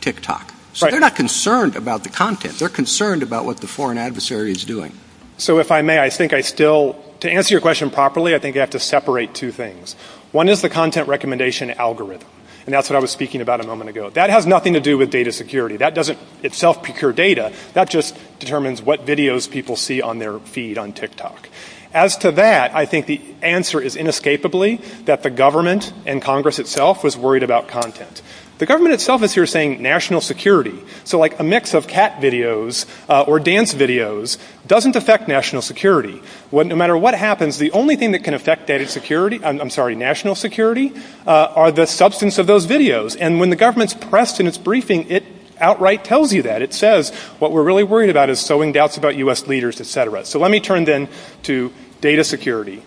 TikTok. So they're not concerned about the content. They're concerned about what the foreign adversary is doing. So if I may, I think I still, to answer your question properly, I think I have to separate two things. One is the content recommendation algorithm, and that's what I was speaking about a moment ago. That has nothing to do with data security. That doesn't itself procure data. That just determines what videos people see on their feed on TikTok. As to that, I think the answer is inescapably that the government and Congress itself was worried about content. The government itself is here saying national security. So like a mix of cat videos or dance videos doesn't affect national security. No matter what happens, the only thing that can affect national security are the substance of those videos. And when the government's pressed in its briefing, it outright tells you that. It says what we're really worried about is sowing doubts about U.S. leaders, et cetera. So let me turn then to data security.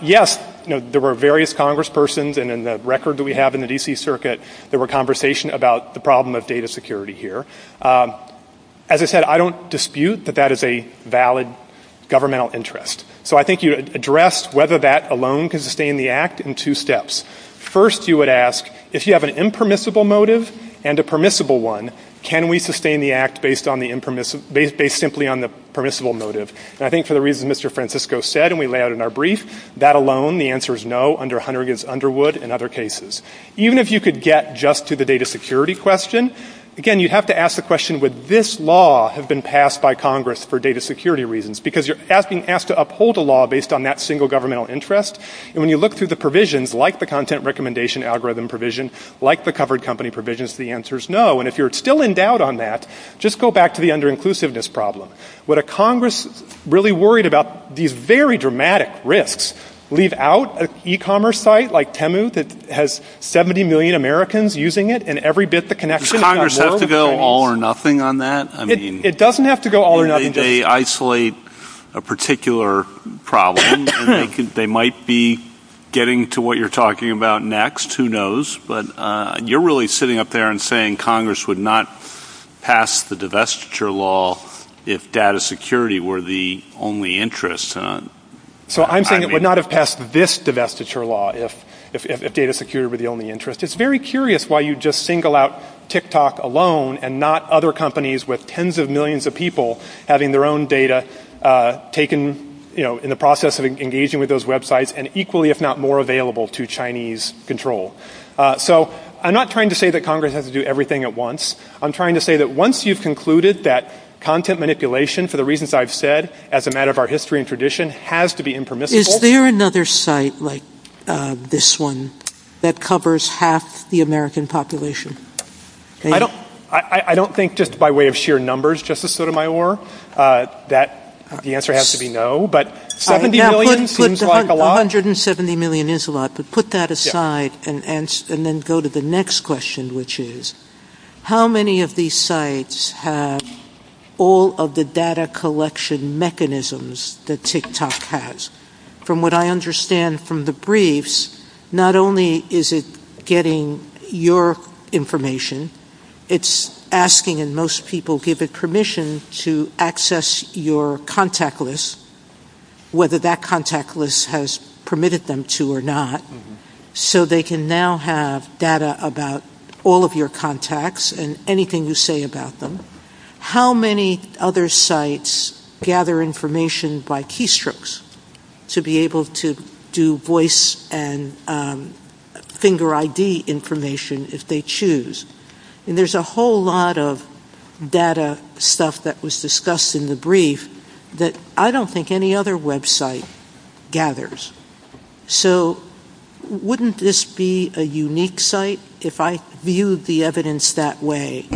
Yes, there were various congresspersons, and in the record that we have in the D.C. Circuit, there were conversations about the problem of data security here. As I said, I don't dispute that that is a valid governmental interest. So I think you address whether that alone can sustain the act in two steps. First, you would ask, if you have an impermissible motive and a permissible one, can we sustain the act based simply on the permissible motive? And I think for the reason Mr. Francisco said, and we lay out in our brief, that alone, the answer is no under Hunter against Underwood and other cases. Even if you could get just to the data security question, again, you'd have to ask the question, would this law have been passed by Congress for data security reasons? Because you're asked to uphold a law based on that single governmental interest. And when you look through the provisions, like the content recommendation algorithm provision, like the covered company provisions, the answer is no. And if you're still in doubt on that, just go back to the under-inclusiveness problem. Would a Congress really worried about these very dramatic rifts, leave out an e-commerce site like Temu that has 70 million Americans using it, and every bit the connection in our world? Does Congress have to go all or nothing on that? It doesn't have to go all or nothing. They isolate a particular problem. They might be getting to what you're talking about next, who knows. But you're really sitting up there and saying Congress would not pass the divestiture law if data security were the only interest. So I'm saying it would not have passed this divestiture law if data security were the only interest. It's very curious why you'd just single out TikTok alone and not other companies with tens of millions of people having their own data taken in the process of engaging with those websites and equally, if not more, available to Chinese control. So I'm not trying to say that Congress has to do everything at once. I'm trying to say that once you've concluded that content manipulation, for the reasons I've said, as a matter of our history and tradition, has to be impermissible. Is there another site like this one that covers half the American population? I don't think just by way of sheer numbers, Justice Sotomayor. The answer has to be no. But $70 million seems like a lot. $170 million is a lot, but put that aside and then go to the next question, which is, how many of these sites have all of the data collection mechanisms that TikTok has? From what I understand from the briefs, not only is it getting your information, it's asking and most people give it permission to access your contact list, whether that contact list has permitted them to or not, so they can now have data about all of your contacts and anything you say about them. How many other sites gather information by keystrokes to be able to do voice and finger ID information if they choose? And there's a whole lot of data stuff that was discussed in the brief that I don't think any other website gathers. So wouldn't this be a unique site? If I viewed the evidence that way,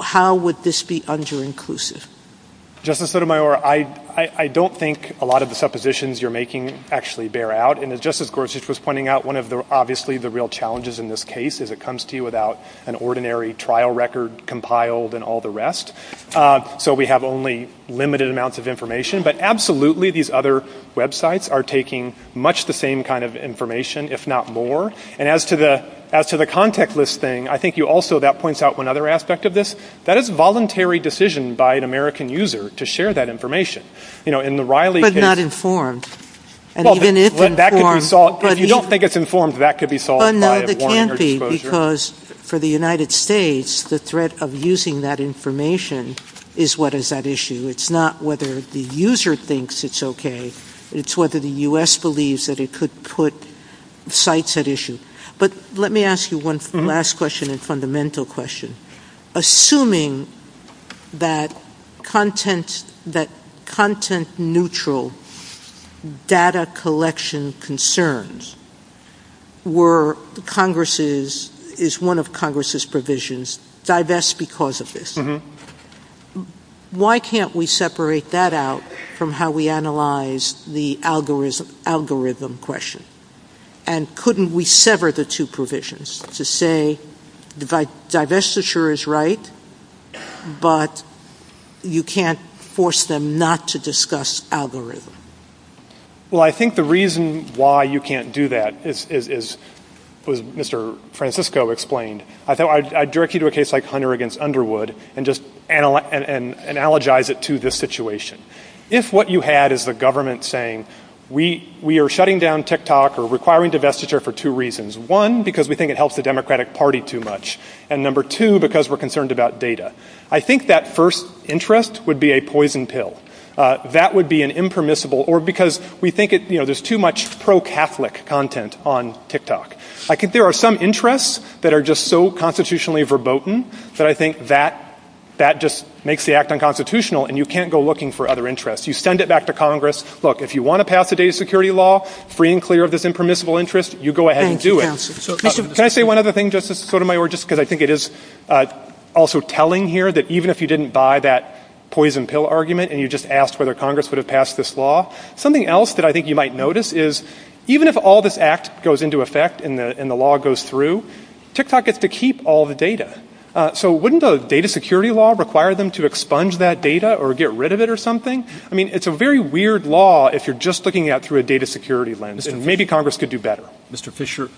how would this be under-inclusive? Justice Sotomayor, I don't think a lot of the suppositions you're making actually bear out. And just as Gorsuch was pointing out, one of obviously the real challenges in this case is it comes to you without an ordinary trial record compiled and all the rest. So we have only limited amounts of information. But absolutely, these other websites are taking much the same kind of information, if not more. And as to the contact list thing, I think also that points out one other aspect of this. That is a voluntary decision by an American user to share that information. But not informed. You don't think it's informed, but that could be solved by a warrant or exposure. No, it can't be, because for the United States, the threat of using that information is what is at issue. It's not whether the user thinks it's okay. It's whether the U.S. believes that it could put sites at issue. But let me ask you one last question and fundamental question. Assuming that content-neutral data collection concerns is one of Congress' provisions, divest because of this. Why can't we separate that out from how we analyze the algorithm question? And couldn't we sever the two provisions to say divestiture is right, but you can't force them not to discuss algorithm? Well, I think the reason why you can't do that is, as Mr. Francisco explained, I'd direct you to a case like Hunter v. Underwood and just analogize it to this situation. If what you had is the government saying, we are shutting down TikTok or requiring divestiture for two reasons. One, because we think it helps the Democratic Party too much. And number two, because we're concerned about data. I think that first interest would be a poison pill. That would be an impermissible, or because we think there's too much pro-Catholic content on TikTok. I think there are some interests that are just so constitutionally verboten that I think that just makes the act unconstitutional and you can't go looking for other interests. You send it back to Congress. Look, if you want to pass a data security law, free and clear of this impermissible interest, you go ahead and do it. Can I say one other thing, Justice Sotomayor, just because I think it is also telling here that even if you didn't buy that poison pill argument and you just asked whether Congress would have passed this law, something else that I think you might notice is even if all this act goes into effect and the law goes through, TikTok gets to keep all the data. So wouldn't a data security law require them to expunge that data or get rid of it or something? I mean, it's a very weird law if you're just looking at it through a data security lens, and maybe Congress could do better. Mr. Fisher,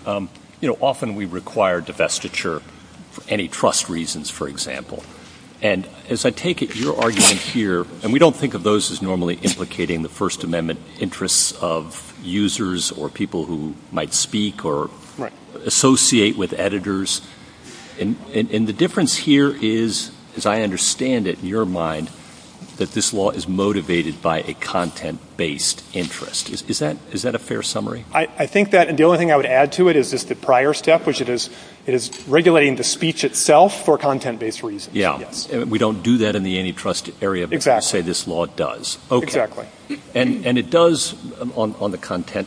you know, often we require divestiture for any trust reasons, for example. And as I take it, your argument here, and we don't think of those as normally implicating the First Amendment interests of users or people who might speak or associate with editors. And the difference here is, as I understand it, in your mind, that this law is motivated by a content-based interest. Is that a fair summary? I think that the only thing I would add to it is the prior step, which it is regulating the speech itself for content-based reasons. Yeah, and we don't do that in the antitrust area, but you say this law does. Exactly. And it does on the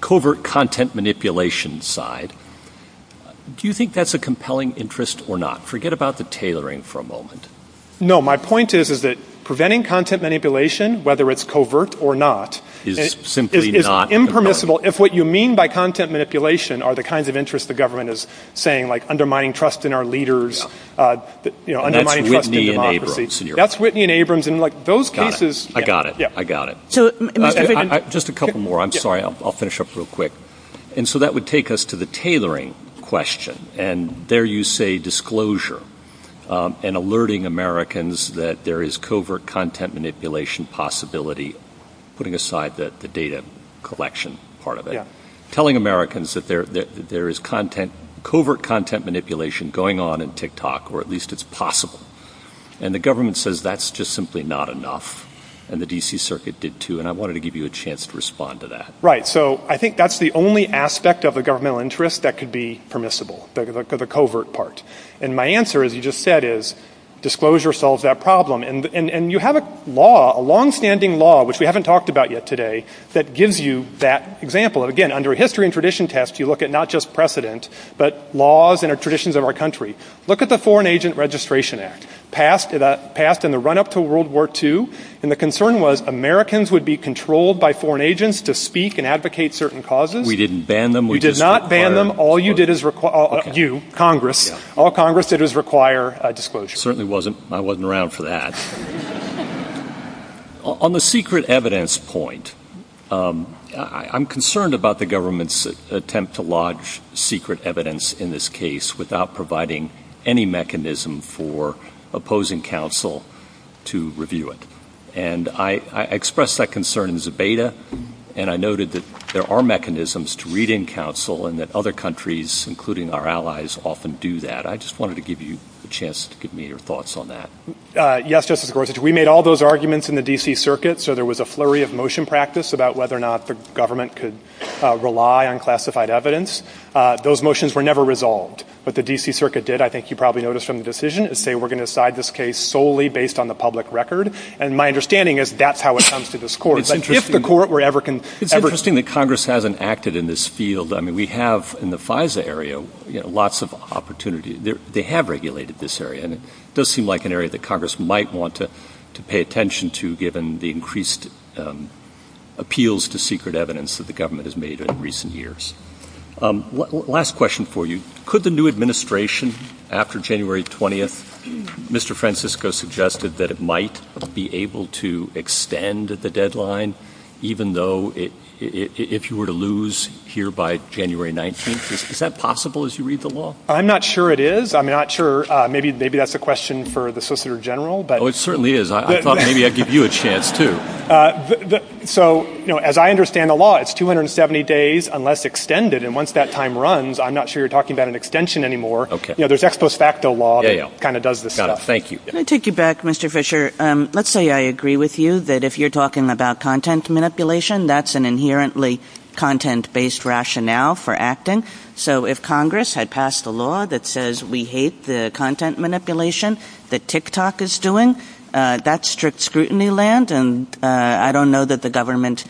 covert content manipulation side. Do you think that's a compelling interest or not? Forget about the tailoring for a moment. No, my point is that preventing content manipulation, whether it's covert or not, is impermissible if what you mean by content manipulation are the kinds of interests the government is saying, like undermining trust in our leaders, undermining trust in democracy. That's Whitney and Abrams. That's Whitney and Abrams. I got it. I got it. Just a couple more. I'm sorry. I'll finish up real quick. And so that would take us to the tailoring question. And there you say disclosure and alerting Americans that there is covert content manipulation possibility, putting aside the data collection part of it, telling Americans that there is covert content manipulation going on in TikTok, or at least it's possible. And the government says that's just simply not enough, and the D.C. Circuit did too, and I wanted to give you a chance to respond to that. So I think that's the only aspect of the governmental interest that could be permissible, the covert part. And my answer, as you just said, is disclosure solves that problem. And you have a law, a longstanding law, which we haven't talked about yet today, that gives you that example. Again, under a history and tradition test, you look at not just precedent but laws and traditions of our country. Look at the Foreign Agent Registration Act, passed in the run-up to World War II, and the concern was Americans would be controlled by foreign agents to speak and advocate certain causes. We didn't ban them. We did not ban them. All you did is require, you, Congress, all Congress did is require disclosure. Certainly wasn't. I wasn't around for that. On the secret evidence point, I'm concerned about the government's attempt to lodge secret evidence in this case without providing any mechanism for opposing counsel to review it. And I expressed that concern in Zebeda, and I noted that there are mechanisms to read in counsel and that other countries, including our allies, often do that. I just wanted to give you a chance to give me your thoughts on that. Yes, Justice Gorsuch. We made all those arguments in the D.C. Circuit. So there was a flurry of motion practice about whether or not the government could rely on classified evidence. Those motions were never resolved. What the D.C. Circuit did, I think you probably noticed from the decision, is say we're going to decide this case solely based on the public record. And my understanding is that's how it comes to this court. It's interesting that Congress hasn't acted in this field. I mean, we have in the FISA area lots of opportunity. They have regulated this area. It does seem like an area that Congress might want to pay attention to, given the increased appeals to secret evidence that the government has made in recent years. Last question for you. Could the new administration, after January 20th, Mr. Francisco suggested that it might be able to extend the deadline, even though if you were to lose here by January 19th, is that possible as you read the law? I'm not sure it is. I'm not sure. Maybe that's a question for the Solicitor General. Oh, it certainly is. I thought maybe I'd give you a chance, too. So, as I understand the law, it's 270 days unless extended. And once that time runs, I'm not sure you're talking about an extension anymore. There's ex post facto law that kind of does this stuff. Thank you. Can I take you back, Mr. Fisher? Let's say I agree with you that if you're talking about content manipulation, that's an inherently content-based rationale for acting. So, if Congress had passed a law that says we hate the content manipulation that TikTok is doing, that's strict scrutiny land, and I don't know that the government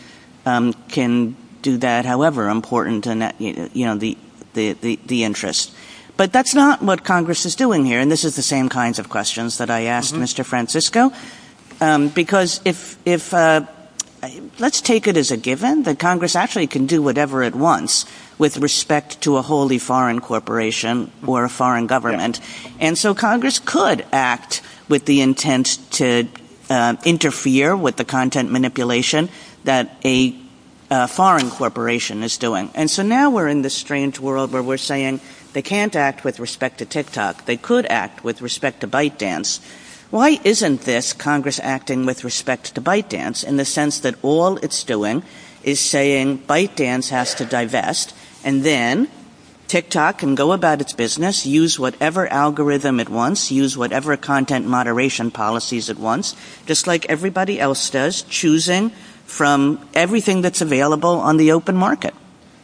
can do that, however important the interest. But that's not what Congress is doing here, and this is the same kinds of questions that I asked Mr. Francisco, because let's take it as a given that Congress actually can do whatever it wants with respect to a wholly foreign corporation or a foreign government. And so Congress could act with the intent to interfere with the content manipulation that a foreign corporation is doing. And so now we're in this strange world where we're saying they can't act with respect to TikTok. They could act with respect to ByteDance. Why isn't this Congress acting with respect to ByteDance in the sense that all it's doing is saying ByteDance has to divest and then TikTok can go about its business, use whatever algorithm it wants, use whatever content moderation policies it wants, just like everybody else does, choosing from everything that's available on the open market.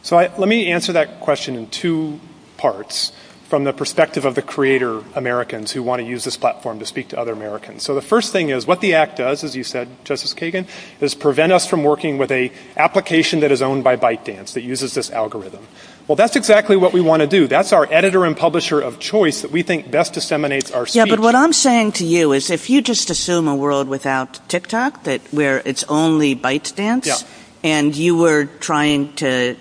So let me answer that question in two parts from the perspective of the creator Americans who want to use this platform to speak to other Americans. So the first thing is what the act does, as you said, Justice Kagan, is prevent us from working with an application that is owned by ByteDance that uses this algorithm. Well, that's exactly what we want to do. That's our editor and publisher of choice that we think best disseminates our speech. But what I'm saying to you is if you just assume a world without TikTok where it's only ByteDance and you were trying to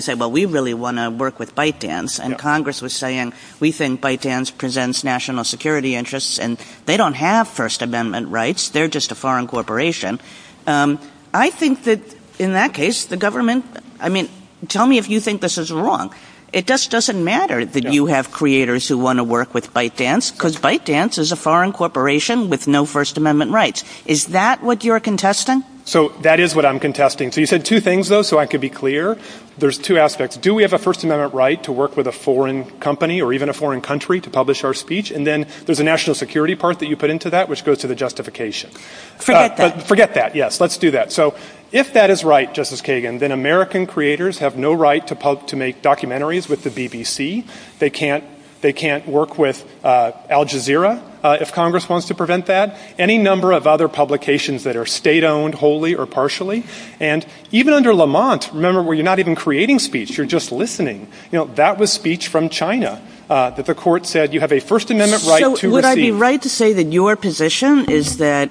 say, well, we really want to work with ByteDance, and Congress was saying we think ByteDance presents national security interests and they don't have First Amendment rights. They're just a foreign corporation. I think that in that case, the government, I mean, tell me if you think this is wrong. It just doesn't matter that you have creators who want to work with ByteDance because ByteDance is a foreign corporation with no First Amendment rights. Is that what you're contesting? So that is what I'm contesting. So you said two things, though, so I could be clear. There's two aspects. Do we have a First Amendment right to work with a foreign company or even a foreign country to publish our speech, and then there's a national security part that you put into that, which goes to the justification. Forget that. Forget that, yes. Let's do that. So if that is right, Justice Kagan, then American creators have no right to make documentaries with the BBC. They can't work with Al Jazeera if Congress wants to prevent that, any number of other publications that are state-owned wholly or partially. And even under Lamont, remember, you're not even creating speech. You're just listening. That was speech from China that the court said you have a First Amendment right to receive. So would I be right to say that your position is that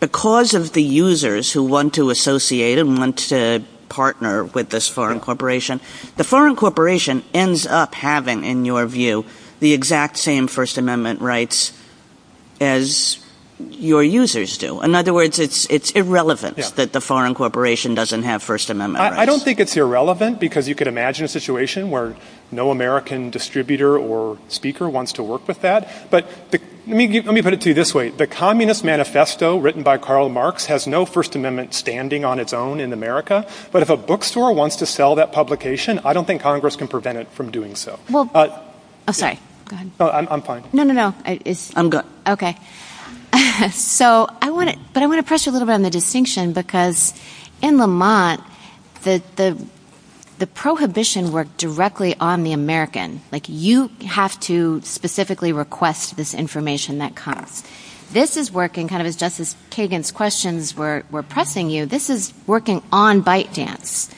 because of the users who want to associate and want to partner with this foreign corporation, the foreign corporation ends up having, in your view, the exact same First Amendment rights as your users do. In other words, it's irrelevant that the foreign corporation doesn't have First Amendment rights. I don't think it's irrelevant because you can imagine a situation where no American distributor or speaker wants to work with that. But let me put it to you this way. The Communist Manifesto written by Karl Marx has no First Amendment standing on its own in America. But if a bookstore wants to sell that publication, I don't think Congress can prevent it from doing so. Go ahead. I'm fine. No, no, no. I'm good. Okay. But I want to press you a little bit on the distinction because in Le Mans, the prohibition worked directly on the American. You have to specifically request this information that comes. This is working kind of just as Kagan's questions were pressing you. This is working on ByteDance.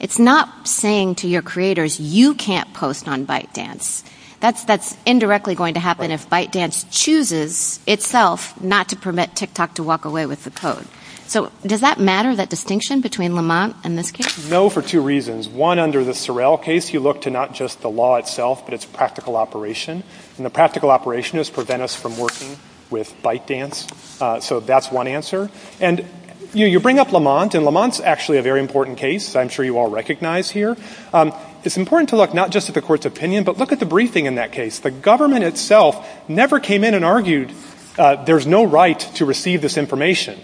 It's not saying to your creators, you can't post on ByteDance. That's indirectly going to happen if ByteDance chooses itself not to permit TikTok to walk away with the code. So does that matter, that distinction between Le Mans and this case? No, for two reasons. One, under the Sorrell case, you look to not just the law itself, but its practical operation. And the practical operation is prevent us from working with ByteDance. So that's one answer. And you bring up Le Mans, and Le Mans is actually a very important case. I'm sure you all recognize here. It's important to look not just at the court's opinion, but look at the briefing in that case. The government itself never came in and argued there's no right to receive this information.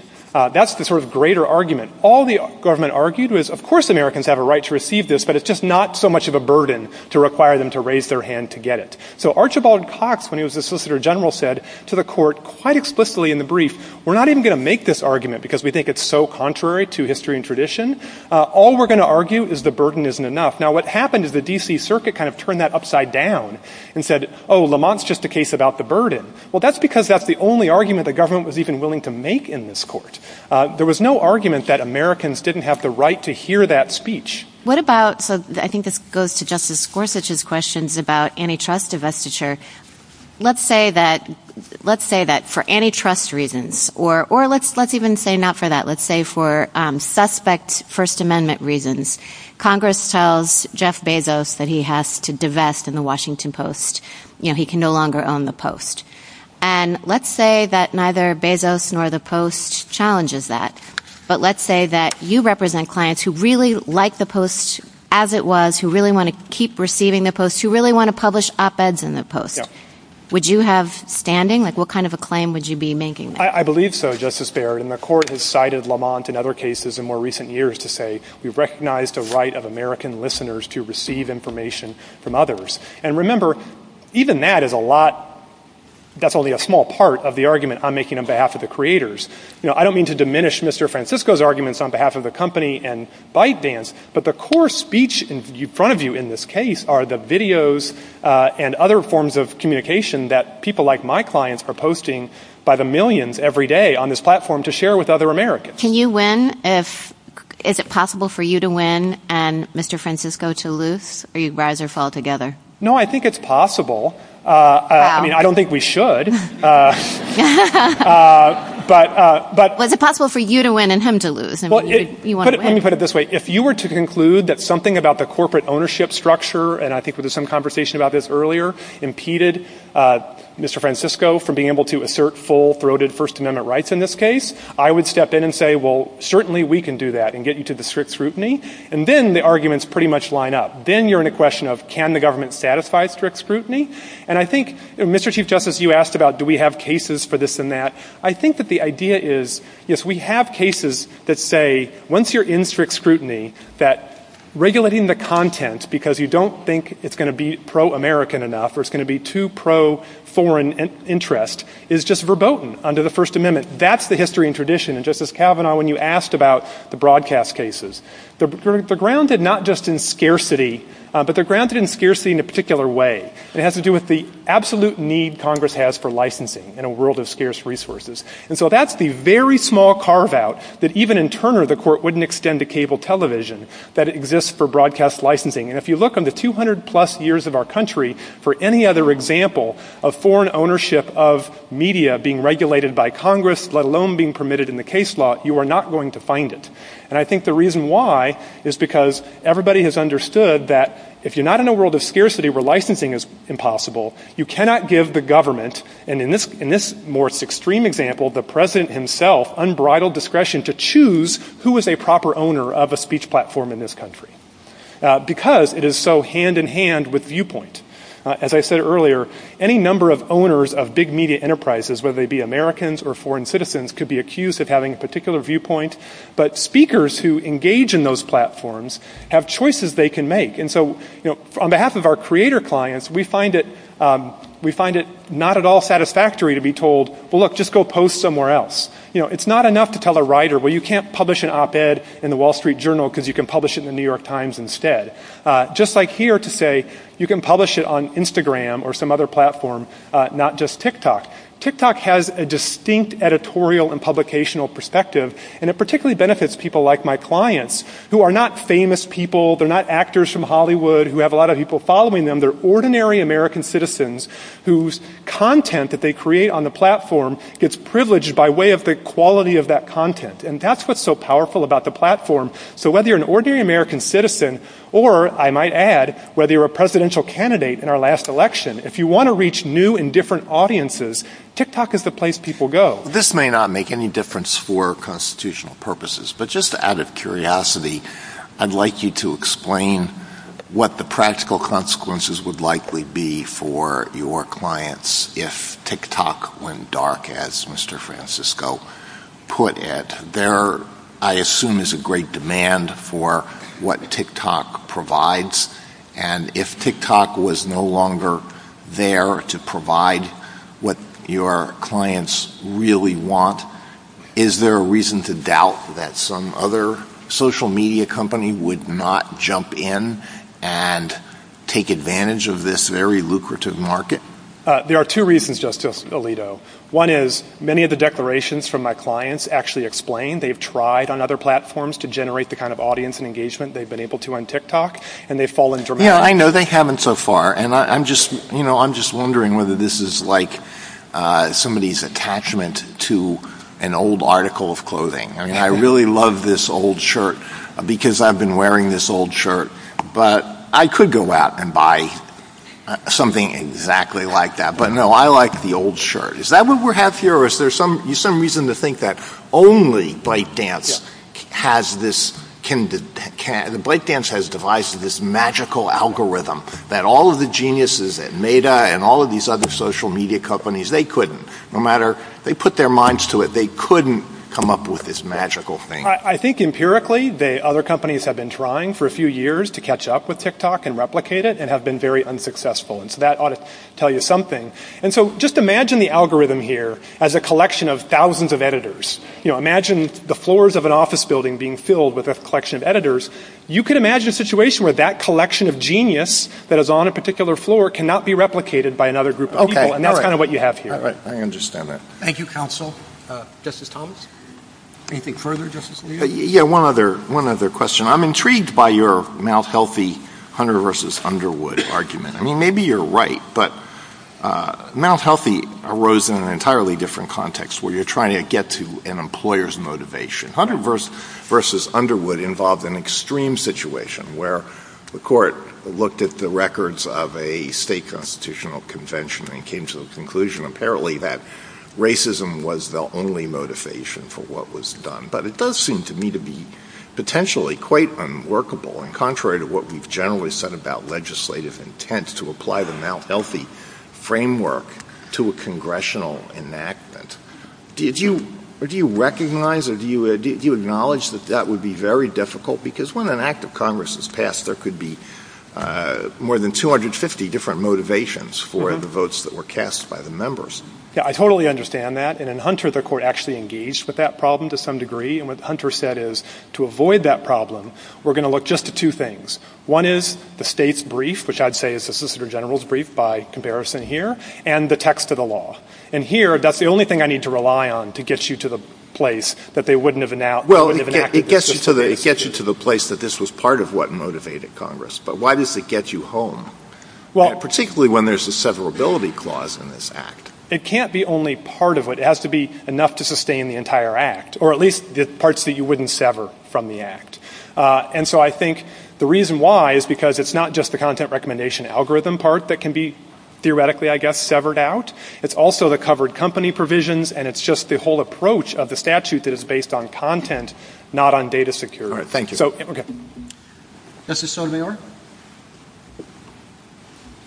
That's the sort of greater argument. All the government argued was, of course Americans have a right to receive this, but it's just not so much of a burden to require them to raise their hand to get it. So Archibald Cox, when he was the Solicitor General, said to the court quite explicitly in the brief, we're not even going to make this argument because we think it's so contrary to history and tradition. All we're going to argue is the burden isn't enough. Now what happened is the D.C. Circuit kind of turned that upside down and said, oh, Le Mans is just a case about the burden. Well, that's because that's the only argument the government was even willing to make in this court. There was no argument that Americans didn't have the right to hear that speech. What about, I think this goes to Justice Gorsuch's questions about antitrust divestiture. Let's say that for antitrust reasons, or let's even say not for that. Let's say for suspect First Amendment reasons. Congress tells Jeff Bezos that he has to divest in the Washington Post. He can no longer own the Post. And let's say that neither Bezos nor the Post challenges that. But let's say that you represent clients who really like the Post as it was, who really want to keep receiving the Post, who really want to publish op-eds in the Post. Would you have standing? What kind of a claim would you be making? I believe so, Justice Barrett, and the court has cited Le Mans and other cases in more recent years to say we recognize the right of American listeners to receive information from others. And remember, even that is a lot, that's only a small part of the argument I'm making on behalf of the creators. I don't mean to diminish Mr. Francisco's arguments on behalf of the company and ByteDance, but the core speech in front of you in this case are the videos and other forms of communication that people like my clients are posting by the millions every day on this platform to share with other Americans. Can you win? Is it possible for you to win and Mr. Francisco to lose, or do you rise or fall together? No, I think it's possible. I mean, I don't think we should. Was it possible for you to win and him to lose? Let me put it this way. If you were to conclude that something about the corporate ownership structure, and I think there was some conversation about this earlier, impeded Mr. Francisco from being able to assert full-throated First Amendment rights in this case, I would step in and say, well, certainly we can do that and get you to the strict scrutiny. And then the arguments pretty much line up. Then you're in a question of can the government satisfy strict scrutiny? And I think, Mr. Chief Justice, you asked about do we have cases for this and that. I think that the idea is, yes, we have cases that say once you're in strict scrutiny, that regulating the content because you don't think it's going to be pro-American enough or it's going to be too pro-foreign interest is just verboten under the First Amendment. That's the history and tradition. And, Justice Kavanaugh, when you asked about the broadcast cases, they're grounded not just in scarcity, but they're grounded in scarcity in a particular way. It has to do with the absolute need Congress has for licensing in a world of scarce resources. And so that's the very small carve-out that even in Turner the court wouldn't extend to cable television that exists for broadcast licensing. And if you look on the 200-plus years of our country for any other example of foreign ownership of media being regulated by Congress, let alone being permitted in the case law, you are not going to find it. And I think the reason why is because everybody has understood that if you're not in a world of scarcity where licensing is impossible, you cannot give the government, and in this more extreme example, the President himself unbridled discretion to choose who is a proper owner of a speech platform in this country because it is so hand-in-hand with viewpoint. As I said earlier, any number of owners of big media enterprises, whether they be Americans or foreign citizens, could be accused of having a particular viewpoint, but speakers who engage in those platforms have choices they can make. And so on behalf of our creator clients, we find it not at all satisfactory to be told, well, look, just go post somewhere else. It's not enough to tell a writer, well, you can't publish an op-ed in the Wall Street Journal because you can publish it in the New York Times instead. Just like here to say you can publish it on Instagram or some other platform, not just TikTok. TikTok has a distinct editorial and publicational perspective, and it particularly benefits people like my clients who are not famous people, they're not actors from Hollywood who have a lot of people following them, they're ordinary American citizens whose content that they create on the platform gets privileged by way of the quality of that content. And that's what's so powerful about the platform. So whether you're an ordinary American citizen or, I might add, whether you're a presidential candidate in our last election, if you want to reach new and different audiences, TikTok is the place people go. This may not make any difference for constitutional purposes, but just out of curiosity, I'd like you to explain what the practical consequences would likely be for your clients if TikTok went dark, as Mr. Francisco put it. There, I assume, is a great demand for what TikTok provides, and if TikTok was no longer there to provide what your clients really want, is there a reason to doubt that some other social media company would not jump in and take advantage of this very lucrative market? There are two reasons, Justice Alito. One is many of the declarations from my clients actually explain they've tried on other platforms to generate the kind of audience and engagement they've been able to on TikTok, and they've fallen dramatically. Yeah, I know they haven't so far, and I'm just wondering whether this is like somebody's attachment to an old article of clothing. I mean, I really love this old shirt because I've been wearing this old shirt, but I could go out and buy something exactly like that. But no, I like the old shirt. Is that what we have here, or is there some reason to think that only Blakedance has devised this magical algorithm that all of the geniuses at Meta and all of these other social media companies, they couldn't, no matter, they put their minds to it, they couldn't come up with this magical thing. I think empirically, other companies have been trying for a few years to catch up with TikTok and replicate it and have been very unsuccessful, and so that ought to tell you something. And so just imagine the algorithm here as a collection of thousands of editors. Imagine the floors of an office building being filled with a collection of editors. You could imagine a situation where that collection of genius that is on a particular floor cannot be replicated by another group of people, and that's kind of what you have here. I understand that. Thank you, counsel. Justice Collins, anything further, Justice Levy? Yeah, one other question. I'm intrigued by your mouth-healthy Hunter v. Underwood argument. I mean, maybe you're right, but mouth-healthy arose in an entirely different context where you're trying to get to an employer's motivation. Hunter v. Underwood involved an extreme situation where the court looked at the records of a state constitutional convention and came to the conclusion apparently that racism was the only motivation for what was done. But it does seem to me to be potentially quite unworkable, and contrary to what we've generally said about legislative intent to apply the mouth-healthy framework to a congressional enactment. Do you recognize or do you acknowledge that that would be very difficult? Because when an act of Congress is passed, there could be more than 250 different motivations for the votes that were cast by the members. Yeah, I totally understand that. And in Hunter, the court actually engaged with that problem to some degree, and what Hunter said is to avoid that problem, we're going to look just at two things. One is the state's brief, which I'd say is the solicitor general's brief by comparison here, and the text of the law. And here, that's the only thing I need to rely on to get you to the place that they wouldn't have enacted this. It gets you to the place that this was part of what motivated Congress. But why does it get you home, particularly when there's a severability clause in this act? It can't be only part of it. It has to be enough to sustain the entire act, or at least parts that you wouldn't sever from the act. And so I think the reason why is because it's not just the content recommendation algorithm part that can be theoretically, I guess, severed out. It's also the covered company provisions, and it's just the whole approach of the statute that is based on content, not on data security. Thank you. Justice Sotomayor?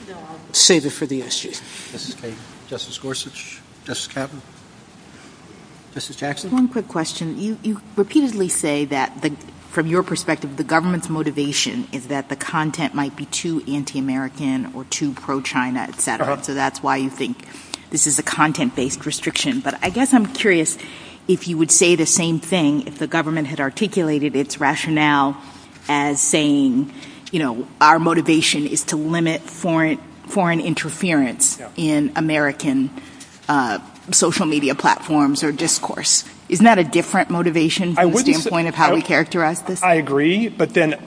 No, I'll save it for the issue. Justice Kagan? Justice Gorsuch? Justice Kavanaugh? Justice Jackson? One quick question. You repeatedly say that, from your perspective, the government's motivation is that the content might be too anti-American or too pro-China, et cetera. So that's why you think this is a content-based restriction. But I guess I'm curious if you would say the same thing if the government had articulated its rationale as saying, you know, our motivation is to limit foreign interference in American social media platforms or discourse. Isn't that a different motivation from the standpoint of how we characterize this? I agree, but then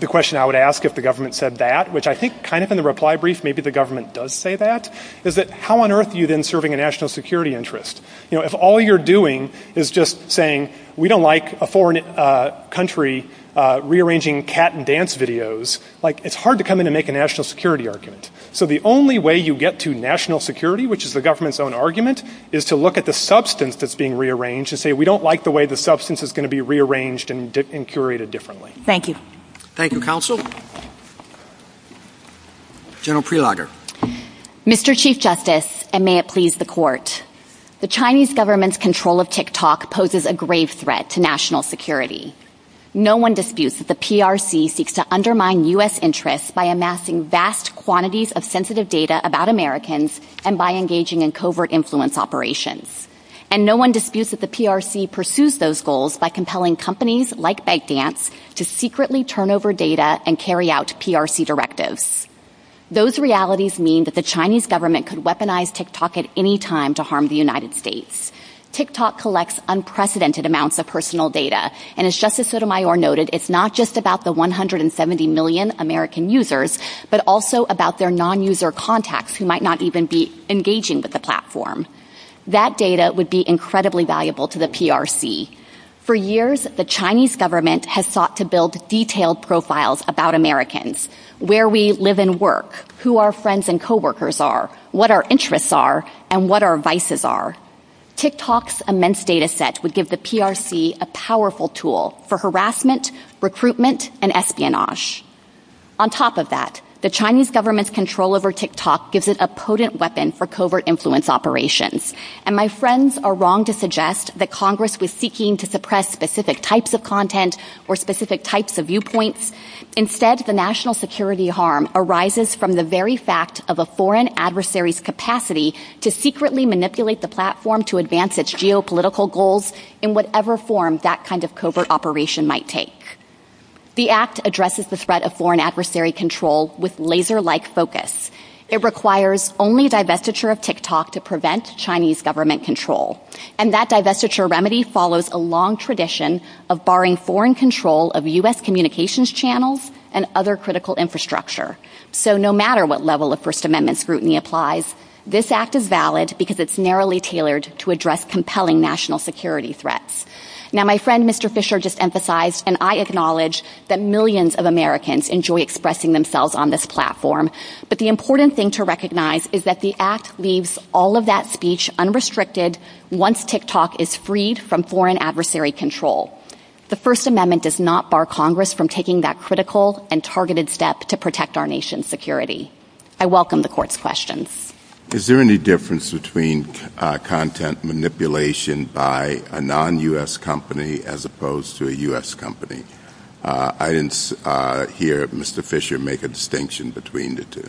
the question I would ask if the government said that, which I think kind of in the reply brief maybe the government does say that, is that how on earth are you then serving a national security interest? You know, if all you're doing is just saying we don't like a foreign country rearranging cat and dance videos, like it's hard to come in and make a national security argument. So the only way you get to national security, which is the government's own argument, is to look at the substance that's being rearranged and say we don't like the way the substance is going to be rearranged and curated differently. Thank you. Thank you, Counsel. General Prelogar. Mr. Chief Justice, and may it please the court, the Chinese government's control of TikTok poses a grave threat to national security. No one disputes that the PRC seeks to undermine U.S. interests by amassing vast quantities of sensitive data about Americans and by engaging in covert influence operations. And no one disputes that the PRC pursues those goals by compelling companies like Bankdance to secretly turn over data and carry out PRC directives. Those realities mean that the Chinese government could weaponize TikTok at any time to harm the United States. TikTok collects unprecedented amounts of personal data, and as Justice Sotomayor noted, it's not just about the 170 million American users, but also about their non-user contacts who might not even be engaging with the platform. That data would be incredibly valuable to the PRC. For years, the Chinese government has sought to build detailed profiles about Americans, where we live and work, who our friends and coworkers are, what our interests are, and what our vices are. TikTok's immense data set would give the PRC a powerful tool for harassment, recruitment, and espionage. On top of that, the Chinese government's control over TikTok gives it a potent weapon for covert influence operations. And my friends are wrong to suggest that Congress was seeking to suppress specific types of content or specific types of viewpoints. Instead, the national security harm arises from the very fact of a foreign adversary's capacity to secretly manipulate the platform to advance its geopolitical goals in whatever form that kind of covert operation might take. The Act addresses the threat of foreign adversary control with laser-like focus. It requires only divestiture of TikTok to prevent Chinese government control. And that divestiture remedy follows a long tradition of barring foreign control of U.S. communications channels and other critical infrastructure. So no matter what level of First Amendment scrutiny applies, this Act is valid because it's narrowly tailored to address compelling national security threats. Now, my friend Mr. Fisher just emphasized, and I acknowledge, that millions of Americans enjoy expressing themselves on this platform. But the important thing to recognize is that the Act leaves all of that speech unrestricted once TikTok is freed from foreign adversary control. The First Amendment does not bar Congress from taking that critical and targeted step to protect our nation's security. I welcome the Court's questions. Is there any difference between content manipulation by a non-U.S. company as opposed to a U.S. company? I didn't hear Mr. Fisher make a distinction between the two.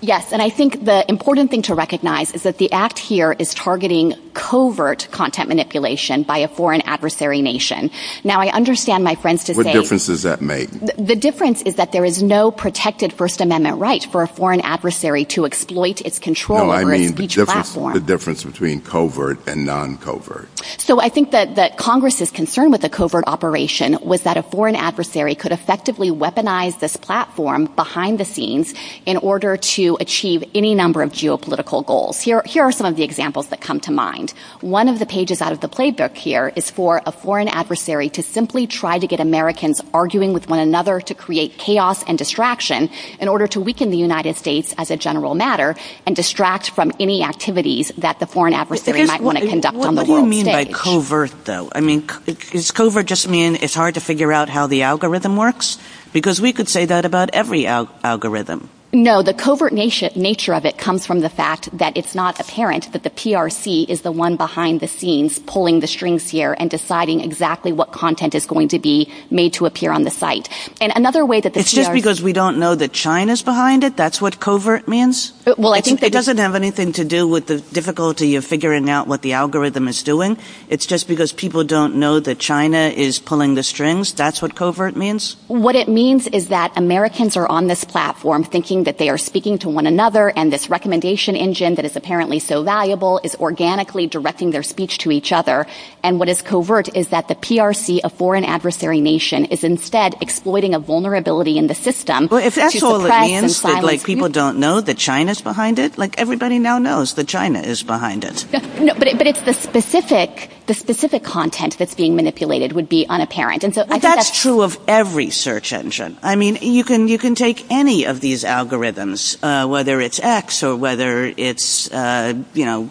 Yes, and I think the important thing to recognize is that the Act here is targeting covert content manipulation by a foreign adversary nation. Now, I understand my friends to say... What difference does that make? The difference is that there is no protected First Amendment right for a foreign adversary to exploit its control over a huge platform. No, I mean the difference between covert and non-covert. So I think that Congress's concern with a covert operation was that a foreign adversary could effectively weaponize this platform behind the scenes in order to achieve any number of geopolitical goals. Here are some of the examples that come to mind. One of the pages out of the playbook here is for a foreign adversary to simply try to get Americans arguing with one another to create chaos and distraction in order to weaken the United States as a general matter and distract from any activities that the foreign adversary might want to conduct on the world stage. What do you mean by covert, though? I mean, does covert just mean it's hard to figure out how the algorithm works? Because we could say that about every algorithm. No, the covert nature of it comes from the fact that it's not apparent that the PRC is the one behind the scenes pulling the strings here and deciding exactly what content is going to be made to appear on the site. It's just because we don't know that China's behind it? That's what covert means? It doesn't have anything to do with the difficulty of figuring out what the algorithm is doing. It's just because people don't know that China is pulling the strings? That's what covert means? What it means is that Americans are on this platform thinking that they are speaking to one another and this recommendation engine that is apparently so valuable is organically directing their speech to each other. And what is covert is that the PRC, a foreign adversary nation, is instead exploiting a vulnerability in the system. Well, is that all it means? That people don't know that China's behind it? Like, everybody now knows that China is behind it. No, but it's the specific content that's being manipulated would be unapparent. That's true of every search engine. I mean, you can take any of these algorithms, whether it's X or whether it's, you know,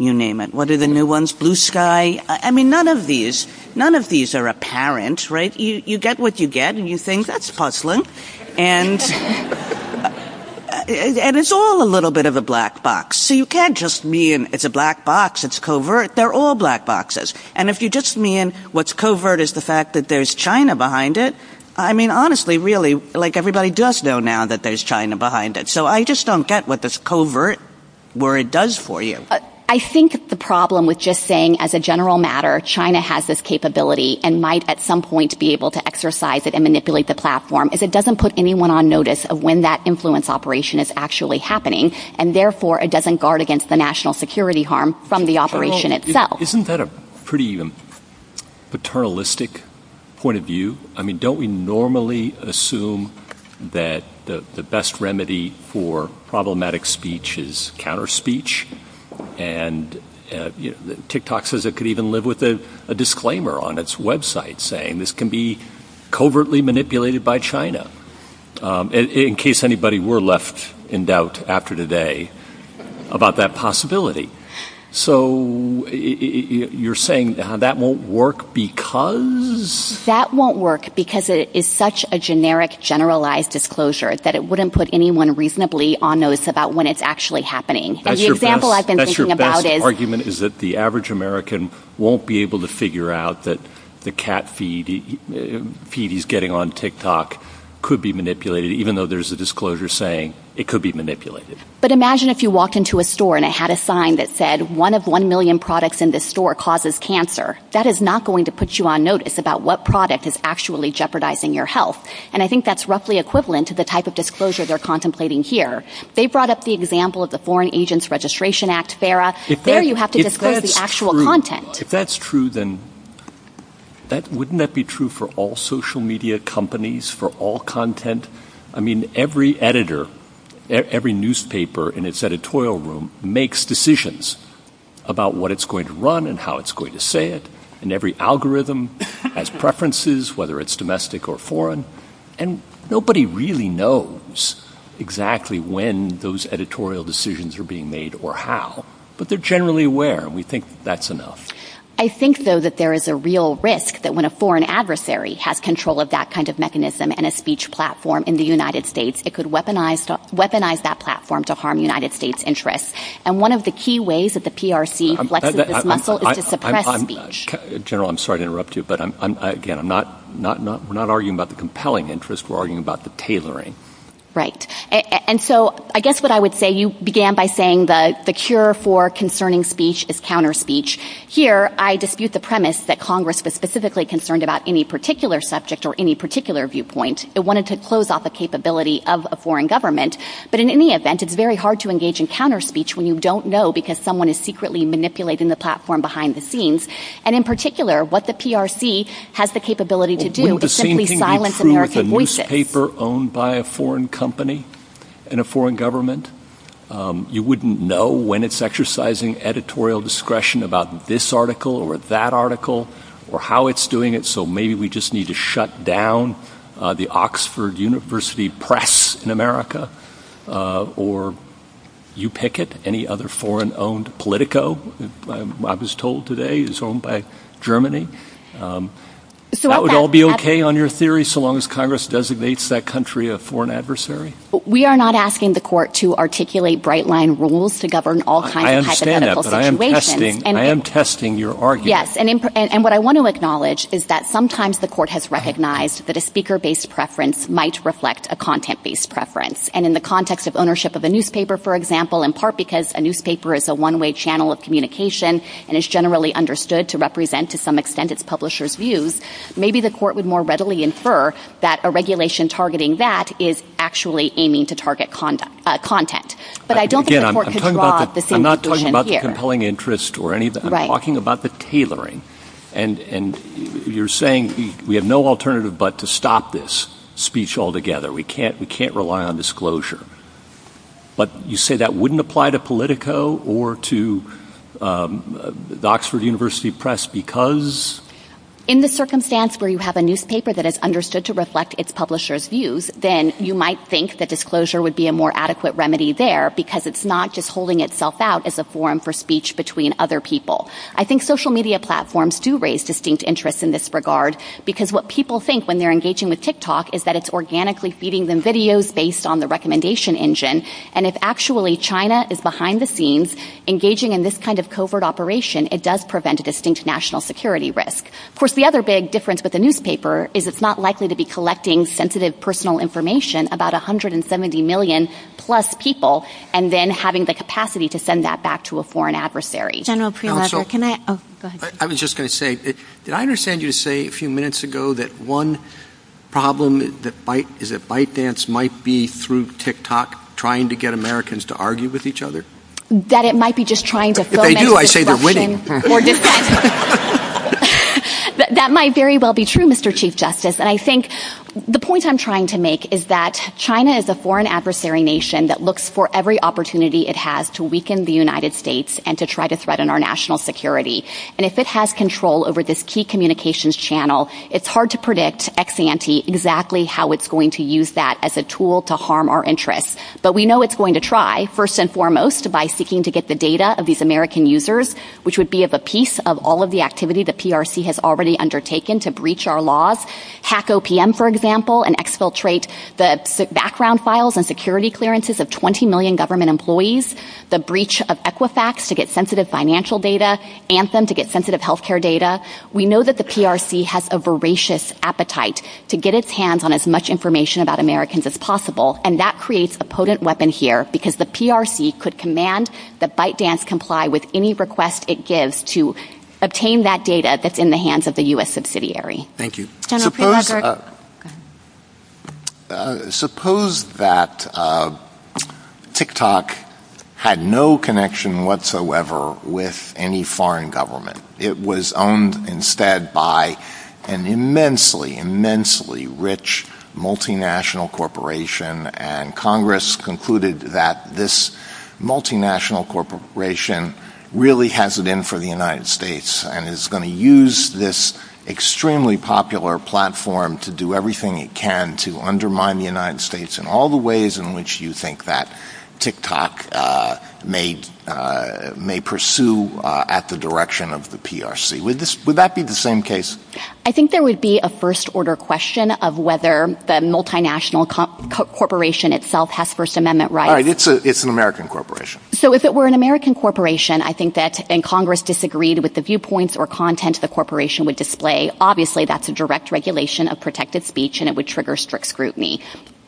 you name it. What are the new ones? Blue Sky? I mean, none of these are apparent, right? You get what you get and you think, that's puzzling. And it's all a little bit of a black box. So you can't just mean it's a black box, it's covert. They're all black boxes. And if you just mean what's covert is the fact that there's China behind it, I mean, honestly, really, like everybody does know now that there's China behind it. So I just don't get what this covert worry does for you. I think the problem with just saying as a general matter, China has this capability and might at some point be able to exercise it and manipulate the platform. If it doesn't put anyone on notice of when that influence operation is actually happening and therefore it doesn't guard against the national security harm from the operation itself. Isn't that a pretty paternalistic point of view? I mean, don't we normally assume that the best remedy for problematic speech is counter speech? And TikTok says it could even live with a disclaimer on its website saying this can be covertly manipulated by China. In case anybody were left in doubt after today about that possibility. So you're saying that won't work because? That won't work because it is such a generic generalized disclosure that it wouldn't put anyone reasonably on notice about when it's actually happening. And the example I've been thinking about is. That's your best argument is that the average American won't be able to figure out that the cat feed he's getting on TikTok could be manipulated, even though there's a disclosure saying it could be manipulated. But imagine if you walk into a store and I had a sign that said one of one million products in the store causes cancer. That is not going to put you on notice about what product is actually jeopardizing your health. And I think that's roughly equivalent to the type of disclosure they're contemplating here. They brought up the example of the Foreign Agents Registration Act. There you have to discuss the actual content. If that's true, then that wouldn't that be true for all social media companies for all content? I mean, every editor, every newspaper in its editorial room makes decisions about what it's going to run and how it's going to say it. And every algorithm has preferences, whether it's domestic or foreign. And nobody really knows exactly when those editorial decisions are being made or how, but they're generally where we think that's enough. I think, though, that there is a real risk that when a foreign adversary has control of that kind of mechanism and a speech platform in the United States, it could weaponized weaponized that platform to harm United States interests. And one of the key ways that the PRC flexes its muscle is to suppress speech. General, I'm sorry to interrupt you, but again, we're not arguing about the compelling interest. We're arguing about the tailoring. Right. And so I guess what I would say, you began by saying that the cure for concerning speech is counter speech. Here, I dispute the premise that Congress was specifically concerned about any particular subject or any particular viewpoint. It wanted to close off a capability of a foreign government. But in any event, it's very hard to engage in counter speech when you don't know because someone is secretly manipulating the platform behind the scenes. And in particular, what the PRC has the capability to do is simply silence American voices. Wouldn't the same thing be true with a newspaper owned by a foreign company and a foreign government? You wouldn't know when it's exercising editorial discretion about this article or that article or how it's doing it. So maybe we just need to shut down the Oxford University Press in America or you pick it. Any other foreign owned Politico, I was told today is owned by Germany. So that would all be OK on your theory so long as Congress designates that country a foreign adversary. We are not asking the court to articulate bright line rules to govern all kinds. I understand that, but I am testing your argument. Yes, and what I want to acknowledge is that sometimes the court has recognized that a speaker-based preference might reflect a content-based preference. And in the context of ownership of a newspaper, for example, in part because a newspaper is a one-way channel of communication and is generally understood to represent to some extent its publisher's views, maybe the court would more readily infer that a regulation targeting that is actually aiming to target content. But I don't think the court could draw the same conclusion here. I'm talking about the tailoring. And you're saying we have no alternative but to stop this speech altogether. We can't rely on disclosure. But you say that wouldn't apply to Politico or to the Oxford University Press because? In the circumstance where you have a newspaper that is understood to reflect its publisher's views, then you might think that disclosure would be a more adequate remedy there because it's not just holding itself out as a forum for speech between other people. I think social media platforms do raise distinct interests in this regard because what people think when they're engaging with TikTok is that it's organically feeding them videos based on the recommendation engine. And if actually China is behind the scenes engaging in this kind of covert operation, it does prevent a distinct national security risk. Of course, the other big difference with a newspaper is it's not likely to be collecting sensitive personal information about 170 million-plus people and then having the capacity to send that back to a foreign adversary. General Primavera, can I? Oh, go ahead. I was just going to say, did I understand you to say a few minutes ago that one problem is that ByteDance might be, through TikTok, trying to get Americans to argue with each other? That it might be just trying to foment discussion. If they do, I'd say they're winning. That might very well be true, Mr. Chief Justice. And I think the point I'm trying to make is that China is a foreign adversary nation that looks for every opportunity it has to weaken the United States and to try to threaten our national security. And if it has control over this key communications channel, it's hard to predict ex-ante exactly how it's going to use that as a tool to harm our interests. But we know it's going to try, first and foremost, by seeking to get the data of these American users, which would be a piece of all of the activity the PRC has already undertaken to breach our laws, hack OPM, for example, and exfiltrate the background files and security clearances of 20 million government employees, the breach of Equifax to get sensitive financial data, Anthem to get sensitive health care data. We know that the PRC has a voracious appetite to get its hands on as much information about Americans as possible. And that creates a potent weapon here, because the PRC could command that ByteDance comply with any request it gives to obtain that data that's in the hands of the U.S. subsidiary. Thank you. General, say that again. Suppose that TikTok had no connection whatsoever with any foreign government. It was owned instead by an immensely, immensely rich multinational corporation, and Congress concluded that this multinational corporation really has it in for the United States and is going to use this extremely popular platform to do everything it can to undermine the United States in all the ways in which you think that TikTok may pursue at the direction of the PRC. Would that be the same case? I think there would be a first-order question of whether the multinational corporation itself has First Amendment rights. It's an American corporation. So if it were an American corporation, I think that Congress disagreed with the viewpoints or content the corporation would display. Obviously, that's a direct regulation of protective speech, and it would trigger strict scrutiny.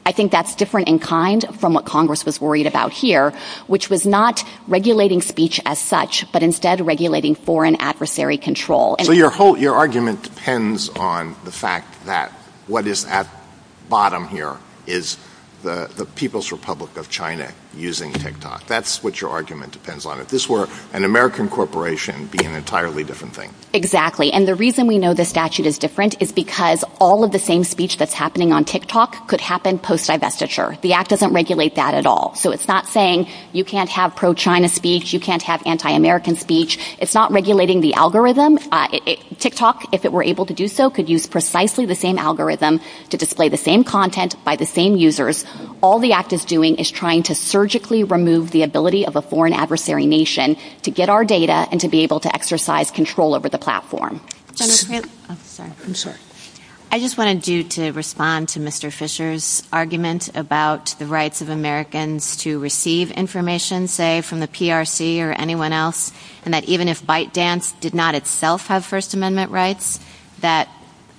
I think that's different in kind from what Congress was worried about here, which was not regulating speech as such, but instead regulating foreign adversary control. Your argument depends on the fact that what is at the bottom here is the People's Republic of China using TikTok. That's what your argument depends on. If this were an American corporation, it would be an entirely different thing. Exactly. And the reason we know the statute is different is because all of the same speech that's happening on TikTok could happen post-divestiture. The act doesn't regulate that at all. So it's not saying you can't have pro-China speech, you can't have anti-American speech. It's not regulating the algorithm. TikTok, if it were able to do so, could use precisely the same algorithm to display the same content by the same users. All the act is doing is trying to surgically remove the ability of a foreign adversary nation to get our data and to be able to exercise control over the platform. I just want to do to respond to Mr. Fisher's argument about the rights of Americans to receive information, say from the PRC or anyone else, and that even if ByteDance did not itself have First Amendment rights, that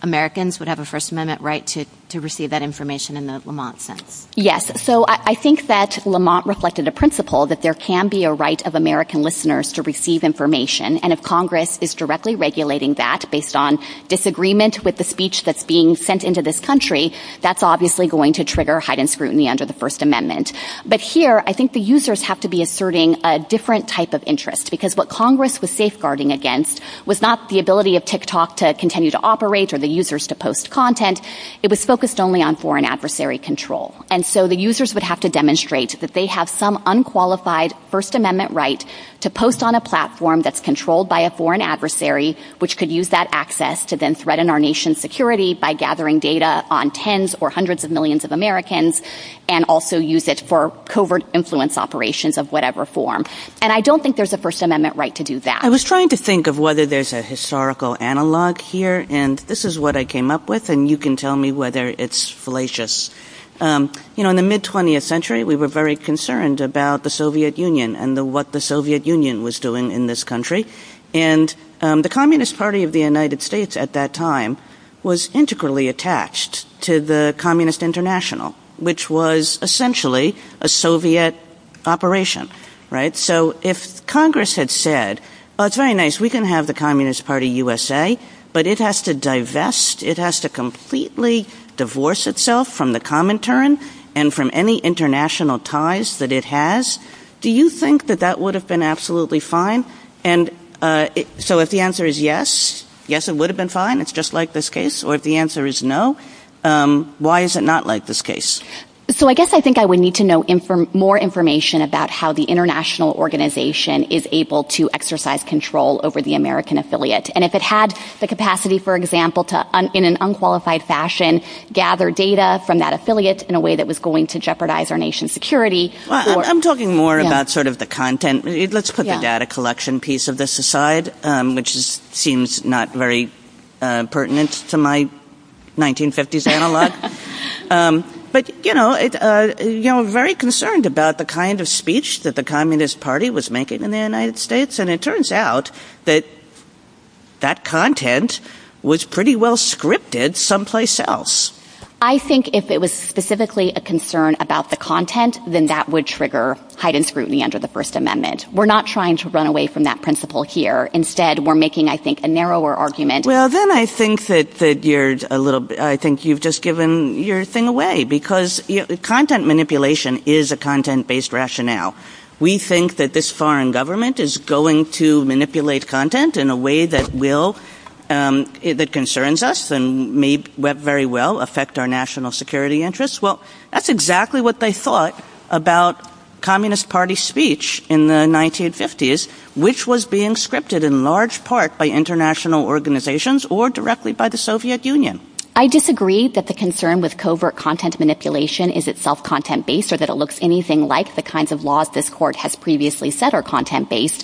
Americans would have a First Amendment right to receive that information in the Lamont sense. Yes. So I think that Lamont reflected the principle that there can be a right of American listeners to receive information. And if Congress is directly regulating that based on disagreement with the speech that's being sent into this country, that's obviously going to trigger heightened scrutiny under the First Amendment. But here, I think the users have to be asserting a different type of interest, because what Congress was safeguarding against was not the ability of TikTok to continue to operate or the users to post content. It was focused only on foreign adversary control. And so the users would have to demonstrate that they have some unqualified First Amendment right to post on a platform that's controlled by a foreign adversary, which could use that access to then threaten our nation's security by gathering data on tens or hundreds of I was trying to think of whether there's a historical analog here. And this is what I came up with. And you can tell me whether it's fallacious. You know, in the mid 20th century, we were very concerned about the Soviet Union and what the Soviet Union was doing in this country. And the Communist Party of the United States at that time was integrally attached to the Communist International, which was essentially a Soviet operation. Right. So if Congress had said it's very nice, we can have the Communist Party USA, but it has to divest. It has to completely divorce itself from the common turn and from any international ties that it has. Do you think that that would have been absolutely fine? And so if the answer is yes, yes, it would have been fine. It's just like this case. Or if the answer is no, why is it not like this case? So I guess I think I would need to know more information about how the international organization is able to exercise control over the American affiliate. And if it had the capacity, for example, to in an unqualified fashion, gather data from that affiliate in a way that was going to jeopardize our nation's security. I'm talking more about sort of the content. Let's put the data collection piece of this aside, which seems not very pertinent to my 1950s analog. But, you know, you're very concerned about the kind of speech that the Communist Party was making in the United States. And it turns out that that content was pretty well scripted someplace else. I think if it was specifically a concern about the content, then that would trigger heightened scrutiny under the First Amendment. We're not trying to run away from that principle here. Instead, we're making, I think, a narrower argument. Well, then I think that you've just given your thing away. Because content manipulation is a content-based rationale. We think that this foreign government is going to manipulate content in a way that concerns us and may very well affect our national security interests. Well, that's exactly what they thought about Communist Party speech in the 1950s, which was being scripted in large part by international organizations or directly by the Soviet Union. I disagree that the concern with covert content manipulation is itself content-based or that it looks anything like the kinds of laws this court has previously said are content-based.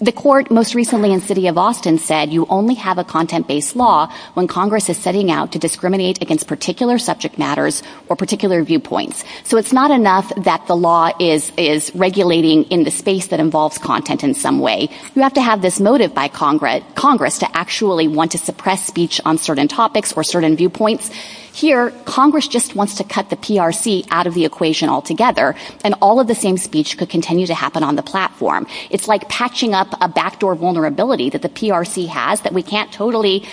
The court most recently in the city of Austin said you only have a content-based law when Congress is setting out to discriminate against particular subject matters or particular viewpoints. So it's not enough that the law is regulating in the space that involves content in some way. You have to have this motive by Congress to actually want to suppress speech on certain topics or certain viewpoints. Here, Congress just wants to cut the PRC out of the equation altogether, and all of the same speech could continue to happen on the platform. It's like patching up a backdoor vulnerability that the PRC has that we can't totally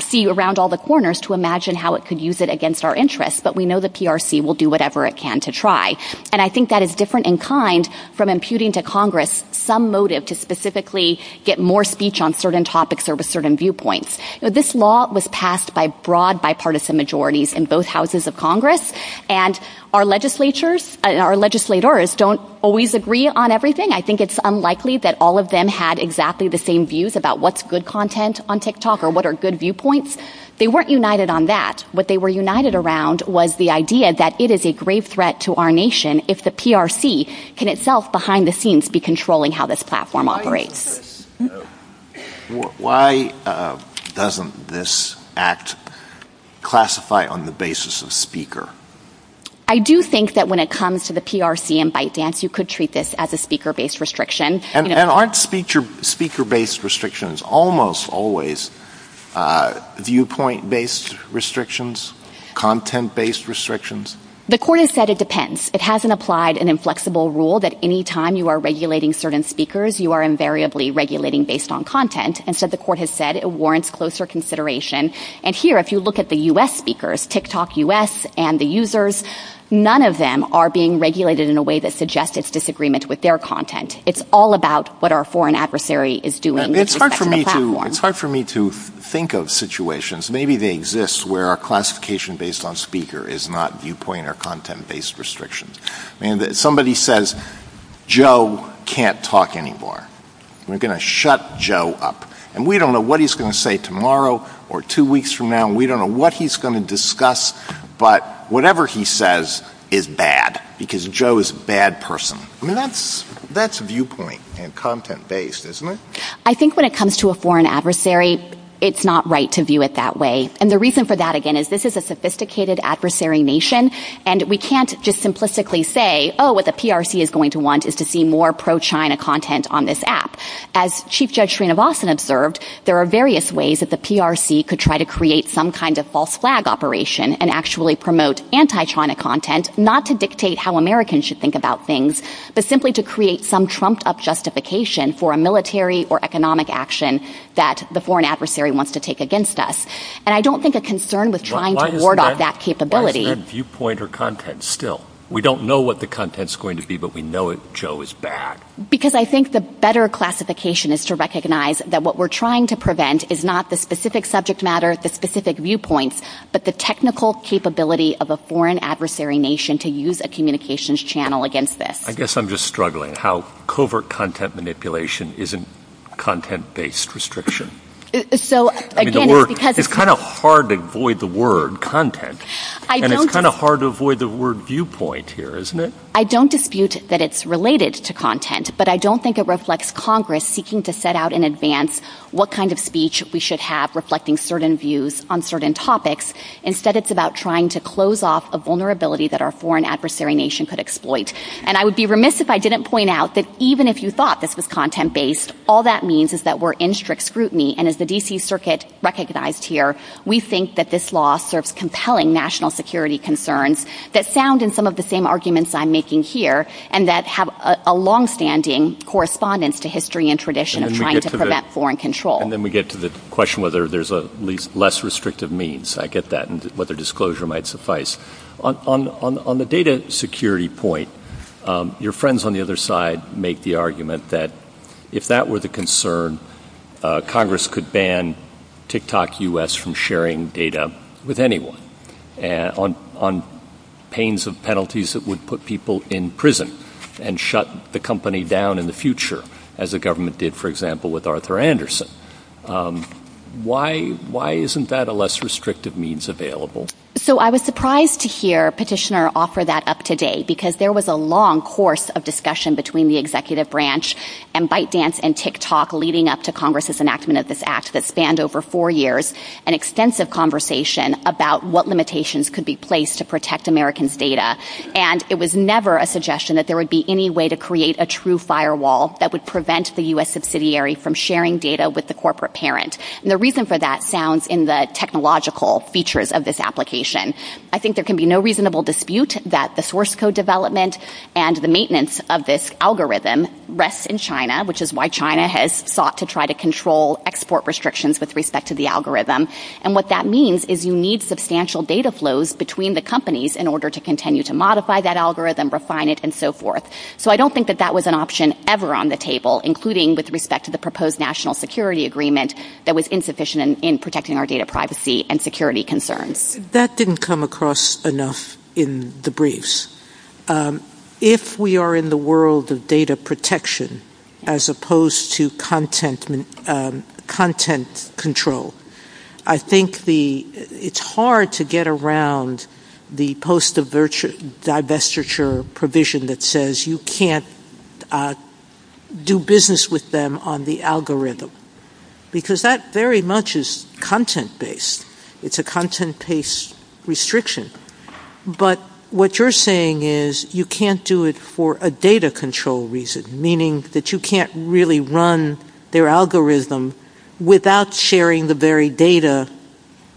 see around all the corners to imagine how it could use it against our interests. But we know the PRC will do whatever it can to try. And I think that is different in kind from imputing to Congress some motive to specifically get more speech on certain topics or certain viewpoints. This law was passed by broad bipartisan majorities in both houses of Congress. And our legislators don't always agree on everything. I think it's unlikely that all of them had exactly the same views about what's good content on TikTok or what are good viewpoints. They weren't united on that. What they were united around was the idea that it is a grave threat to our nation if the PRC can itself behind the scenes be controlling how this platform operates. Why doesn't this act classify on the basis of speaker? I do think that when it comes to the PRC and ByteDance, you could treat this as a speaker-based restriction. And aren't speaker-based restrictions almost always viewpoint-based restrictions, content-based restrictions? The court has said it depends. It hasn't applied an inflexible rule that any time you are regulating certain speakers, you are invariably regulating based on content. And so the court has said it warrants closer consideration. And here, if you look at the U.S. speakers, TikTok U.S. and the users, none of them are being regulated in a way that suggests it's disagreement with their content. It's all about what our foreign adversary is doing. It's hard for me to think of situations, maybe they exist, where a classification based on speaker is not viewpoint or content-based restrictions. Somebody says, Joe can't talk anymore. We're going to shut Joe up. And we don't know what he's going to say tomorrow or two weeks from now. We don't know what he's going to discuss. But whatever he says is bad because Joe is a bad person. That's viewpoint and content-based, isn't it? I think when it comes to a foreign adversary, it's not right to view it that way. And the reason for that, again, is this is a sophisticated adversary nation. And we can't just simplistically say, oh, what the PRC is going to want is to see more pro-China content on this app. As Chief Judge Srinivasan observed, there are various ways that the PRC could try to create some kind of false flag operation and actually promote anti-China content, not to but simply to create some trumped-up justification for a military or economic action that the foreign adversary wants to take against us. And I don't think a concern with trying to ward off that capability... Why is that viewpoint or content still? We don't know what the content is going to be, but we know that Joe is bad. Because I think the better classification is to recognize that what we're trying to prevent is not the specific subject matter, the specific viewpoint, but the technical capability of a foreign adversary nation to use a communications channel against this. I guess I'm just struggling how covert content manipulation isn't content-based restriction. It's kind of hard to avoid the word content, and it's kind of hard to avoid the word viewpoint here, isn't it? I don't dispute that it's related to content, but I don't think it reflects Congress seeking to set out in advance what kind of speech we should have reflecting certain views on certain topics. Instead, it's about trying to close off a vulnerability that our foreign adversary nation could exploit. And I would be remiss if I didn't point out that even if you thought this was content-based, all that means is that we're in strict scrutiny. And as the D.C. Circuit recognized here, we think that this law serves compelling national security concerns that sound in some of the same arguments I'm making here and that have a longstanding correspondence to history and tradition of trying to prevent foreign control. And then we get to the question whether there's a less restrictive means. I get that, and whether disclosure might suffice. On the data security point, your friends on the other side make the argument that if that were the concern, Congress could ban TikTok U.S. from sharing data with anyone on pains of penalties that would put people in prison and shut the company down in the future, as the government did, for example, with Arthur Anderson. Why isn't that a less restrictive means available? So I was surprised to hear Petitioner offer that up today because there was a long course of discussion between the executive branch and ByteDance and TikTok leading up to Congress' enactment of this act that spanned over four years, an extensive conversation about what limitations could be placed to protect Americans' data. And it was never a suggestion that there would be any way to create a true firewall that would prevent the U.S. subsidiary from sharing data with the corporate parent. And the reason for that sounds in the technological features of this application. I think there can be no reasonable dispute that the source code development and the maintenance of this algorithm rests in China, which is why China has sought to try to control export restrictions with respect to the algorithm. And what that means is you need substantial data flows between the companies in order to continue to modify that algorithm, refine it, and so forth. So I don't think that that was an option ever on the table, including with respect to the proposed national security agreement that was insufficient in protecting our data privacy and security concerns. That didn't come across enough in the briefs. If we are in the world of data protection as opposed to content control, I think it's hard to get around the post-divestiture provision that says you can't do business with them on the algorithm, because that very much is content-based. It's a content-based restriction. But what you're saying is you can't do it for a data control reason, meaning that you can't really run their algorithm without sharing the very data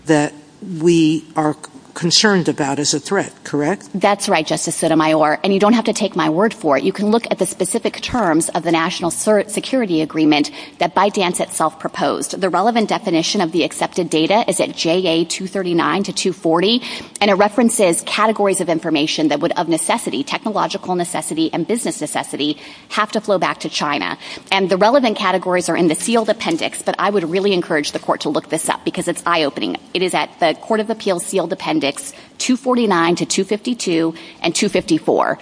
that we are concerned about as a threat, correct? That's right, Justice Sotomayor, and you don't have to take my word for it. You can look at the specific terms of the national security agreement that ByteDance itself proposed. The relevant definition of the accepted data is at JA 239 to 240, and it references categories of information that would, of necessity, technological necessity and business necessity, have to flow back to China. And the relevant categories are in the sealed appendix, but I would really encourage the Court to look this up, because it's eye-opening. It is at the Court of Appeals sealed appendix 249 to 252 and 254.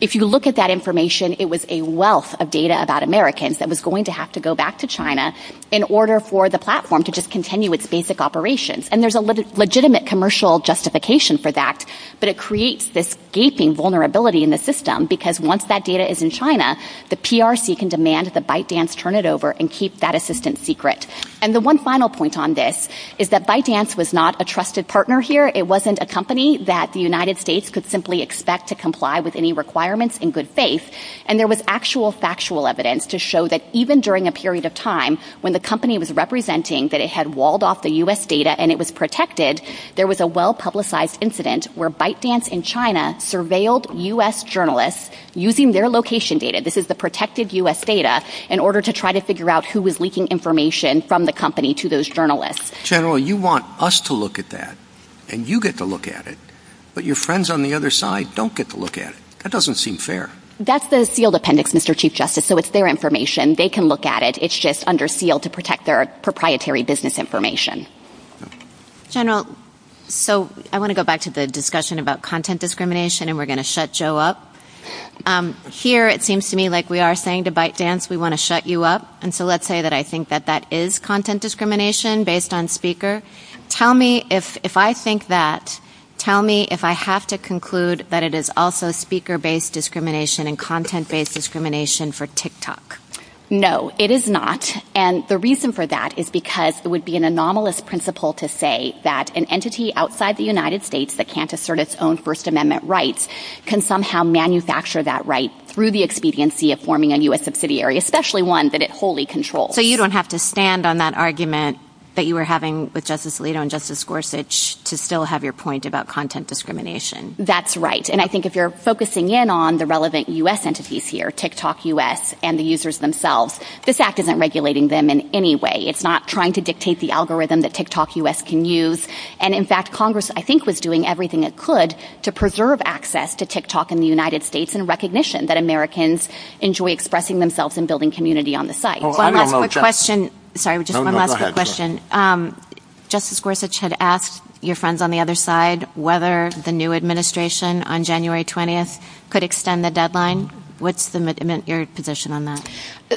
If you look at that information, it was a wealth of data about Americans that was going to have to go back to China in order for the platform to just continue its basic operations. And there's a legitimate commercial justification for that, but it creates this gaping vulnerability in the system, because once that data is in China, the PRC can demand that ByteDance turn it over and keep that assistance secret. And the one final point on this is that ByteDance was not a trusted partner here. It wasn't a company that the United States could simply expect to comply with any requirements in good faith, and there was actual factual evidence to show that even during a period of time when the company was representing that it had walled off the U.S. data and it was protected, there was a well-publicized incident where ByteDance in China surveilled U.S. journalists using their location data, this is the protected U.S. data, in order to try to figure out who was leaking information from the company to those journalists. General, you want us to look at that, and you get to look at it, but your friends on the other side don't get to look at it. That doesn't seem fair. That's the sealed appendix, Mr. Chief Justice, so it's their information. They can look at it. It's just under seal to protect their proprietary business information. General, so I want to go back to the discussion about content discrimination, and we're going to shut Joe up. Here, it seems to me like we are saying to ByteDance, we want to shut you up, and so let's say that I think that that is content discrimination based on speaker. Tell me, if I think that, tell me if I have to conclude that it is also speaker-based discrimination and content-based discrimination for TikTok. No, it is not, and the reason for that is because it would be an anomalous principle to say that an entity outside the United States that can't assert its own First Amendment rights can somehow manufacture that right through the expediency of forming a U.S. So you don't have to stand on that argument that you were having with Justice Alito and Justice Gorsuch to still have your point about content discrimination. That's right, and I think if you're focusing in on the relevant U.S. entities here, TikTok U.S., and the users themselves, this act isn't regulating them in any way. It's not trying to dictate the algorithm that TikTok U.S. can use, and in fact, Congress, I think, was doing everything it could to preserve access to TikTok in the United States in recognition that Americans enjoy expressing themselves and building community on the site. One last quick question. Sorry, just one last quick question. Justice Gorsuch had asked your friends on the other side whether the new administration on January 20th could extend the deadline. What's your position on that?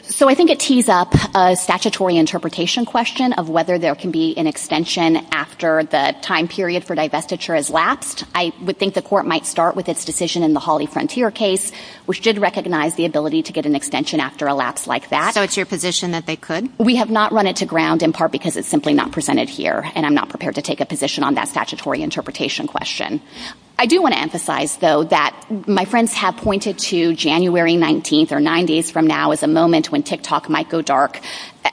So I think it tees up a statutory interpretation question of whether there can be an extension after the time period for divestiture has lapsed. I would think the court might start with its decision in the Hawley Frontier case, which did recognize the ability to get an extension after a lapse like that. So it's your position that they could? We have not run it to ground in part because it's simply not presented here, and I'm not prepared to take a position on that statutory interpretation question. I do want to emphasize, though, that my friends have pointed to January 19th or 90th from now as a moment when TikTok might go dark.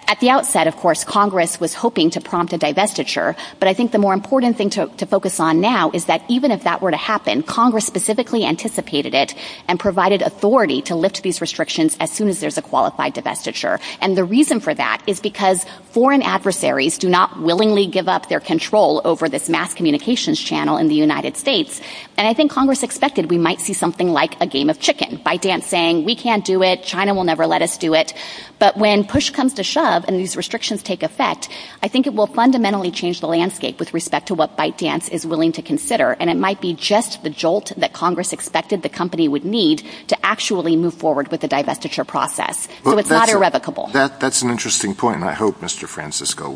At the outset, of course, Congress was hoping to prompt a divestiture, but I think the more important thing to focus on now is that even if that were to happen, Congress specifically anticipated it and provided authority to lift these restrictions as soon as there's a qualified divestiture. And the reason for that is because foreign adversaries do not willingly give up their control over this mass communications channel in the United States. And I think Congress expected we might see something like a game of chicken, ByteDance saying, we can't do it, China will never let us do it. But when push comes to shove and these restrictions take effect, I think it will fundamentally change the landscape with respect to what ByteDance is willing to consider. And it might be just the jolt that Congress expected the company would need to actually move forward with the divestiture process. So it's not irrevocable. That's an interesting point. And I hope Mr. Francisco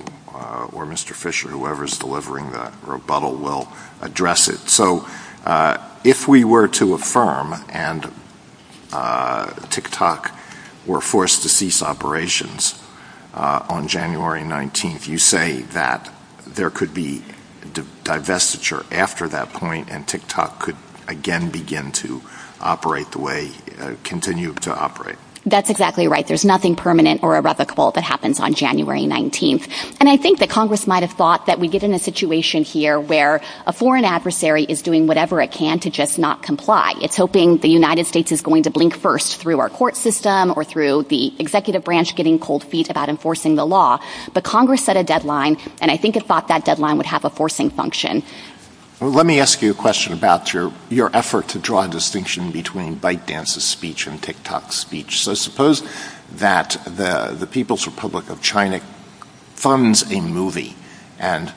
or Mr. Fisher, whoever's delivering the rebuttal, will address it. So if we were to affirm and TikTok were forced to cease operations on January 19th, you say that there could be divestiture after that point and TikTok could again begin to operate the way it continued to operate. That's exactly right. There's nothing permanent or irrevocable that happens on January 19th. And I think that Congress might have thought that we get in a situation here where a foreign adversary is doing whatever it can to just not comply. It's hoping the United States is going to blink first through our court system or through the executive branch getting cold feet about enforcing the law. But Congress set a deadline, and I think it thought that deadline would have a forcing function. Let me ask you a question about your effort to draw a distinction between ByteDance's speech and TikTok's speech. So suppose that the People's Republic of China funds a movie and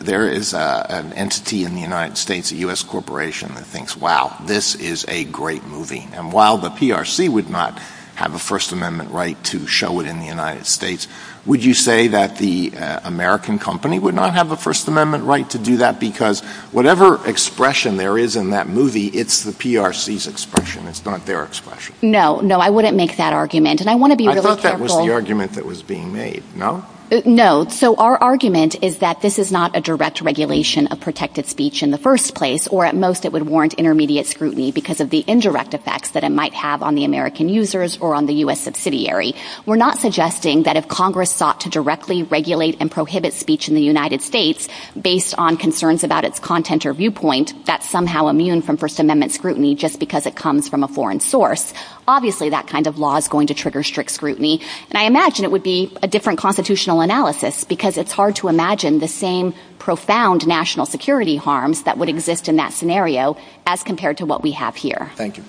there is an entity in the United States, a U.S. corporation, that thinks, wow, this is a great movie. And while the PRC would not have a First Amendment right to show it in the United States, would you say that the American company would not have a First Amendment right to do that? Because whatever expression there is in that movie, it's the PRC's expression. It's not their expression. No, I wouldn't make that argument. I think that was the argument that was being made, no? No. So our argument is that this is not a direct regulation of protected speech in the first place, or at most it would warrant intermediate scrutiny because of the indirect effects that it might have on the American users or on the U.S. subsidiary. We're not suggesting that if Congress sought to directly regulate and prohibit speech in the United States based on concerns about its content or viewpoint, that's somehow immune from First Amendment scrutiny just because it comes from a foreign source. Obviously, that kind of law is going to trigger strict scrutiny. And I imagine it would be a different constitutional analysis because it's hard to imagine the same profound national security harms that would exist in that scenario as compared to what we have here. Thank you.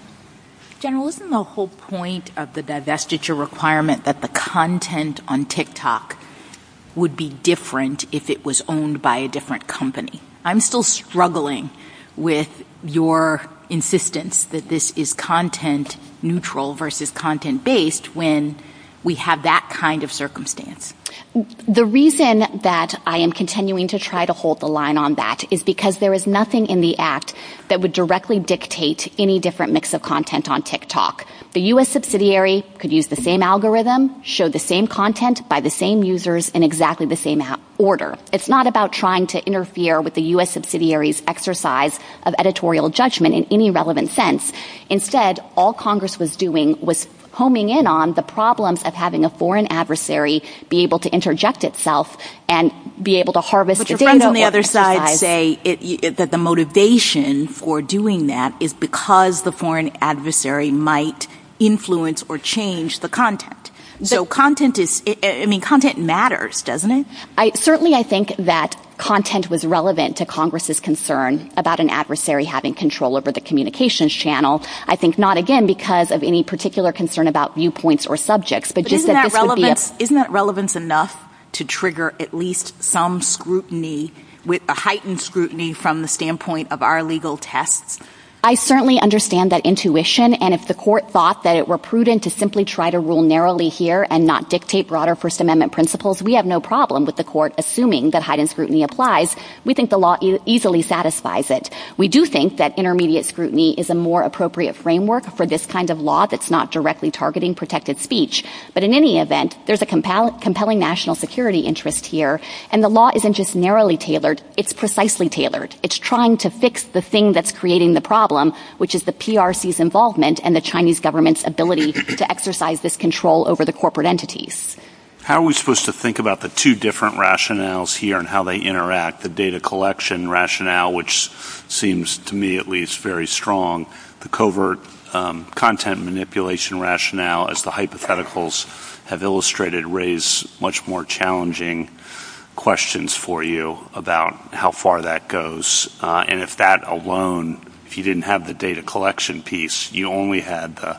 General, isn't the whole point of the divestiture requirement that the content on TikTok would be different if it was owned by a different company? I'm still struggling with your insistence that this is content neutral versus content based when we have that kind of circumstance. The reason that I am continuing to try to hold the line on that is because there is The U.S. subsidiary could use the same algorithm, show the same content by the same users in exactly the same order. It's not about trying to interfere with the U.S. subsidiary's exercise of editorial judgment in any relevant sense. Instead, all Congress was doing was homing in on the problems of having a foreign adversary be able to interject itself and be able to say that the motivation for doing that is because the foreign adversary might influence or change the content. So content matters, doesn't it? Certainly, I think that content was relevant to Congress's concern about an adversary having control over the communications channel. I think not, again, because of any particular concern about viewpoints or subjects. But isn't that relevance enough to trigger at least some scrutiny, a heightened scrutiny from the standpoint of our legal test? I certainly understand that intuition, and if the court thought that it were prudent to simply try to rule narrowly here and not dictate broader First Amendment principles, we have no problem with the court assuming that heightened scrutiny applies. We think the law easily satisfies it. We do think that intermediate scrutiny is a more appropriate framework for this kind of law that's not directly targeting protected speech. But in any event, there's a compelling national security interest here, and the law isn't just narrowly tailored. It's precisely tailored. It's trying to fix the thing that's creating the problem, which is the PRC's involvement and the Chinese government's ability to exercise this control over the corporate entities. How are we supposed to think about the two different rationales here and how they interact, the data collection rationale, which seems to me at least very strong, the covert content manipulation rationale, as the hypotheticals have illustrated, raise much more challenging questions for you about how far that goes. And if that alone, if you didn't have the data collection piece, you only had the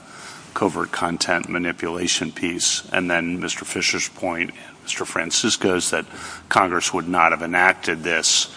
covert content manipulation piece. And then Mr. Fisher's point, Mr. Francisco's, that Congress would not have enacted this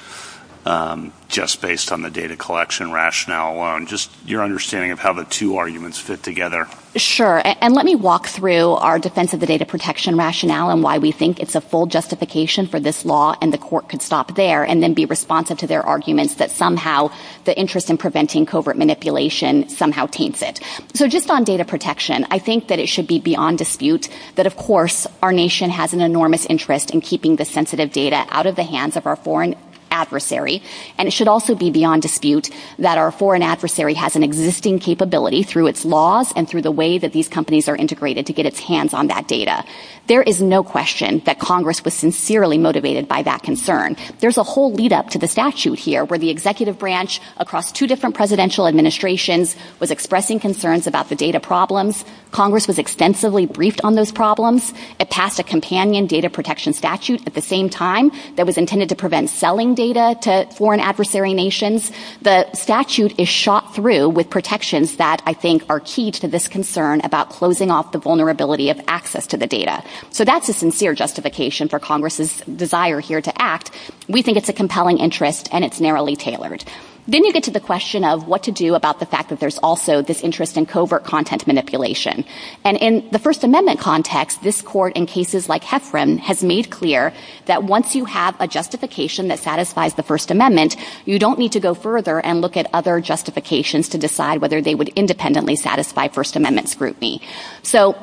just based on the data collection rationale alone. Just your understanding of how the two arguments fit together. Sure. And let me walk through our defense of the data protection rationale and why we think it's a full justification for this law and the court could stop there and then be responsive to their arguments that somehow the interest in preventing covert manipulation somehow taints it. So just on data protection, I think that it should be beyond dispute that, of course, our nation has an enormous interest in keeping the sensitive data out of the hands of our foreign adversary. And it should also be beyond dispute that our foreign adversary has an existing capability through its laws and through the way that these companies are integrated to get its hands on that data. There is no question that Congress was sincerely motivated by that concern. There's a whole lead up to the statute here where the executive branch across two different presidential administrations was expressing concerns about the data problems. Congress was extensively briefed on those problems. It passed a companion data protection statute at the same time that was intended to prevent selling data to foreign adversary nations. The statute is shot through with protections that I think are key to this concern about closing off the vulnerability of access to the data. So that's a sincere justification for Congress's desire here to act. We think it's a compelling interest and it's narrowly tailored. Then you get to the question of what to do about the fact that there's also this interest in covert content manipulation. And in the First Amendment context, this court in cases like Heffron has made clear that once you have a justification that satisfies the First Amendment, you don't need to go further and look at other justifications to decide whether they would independently satisfy First Amendment scrutiny. So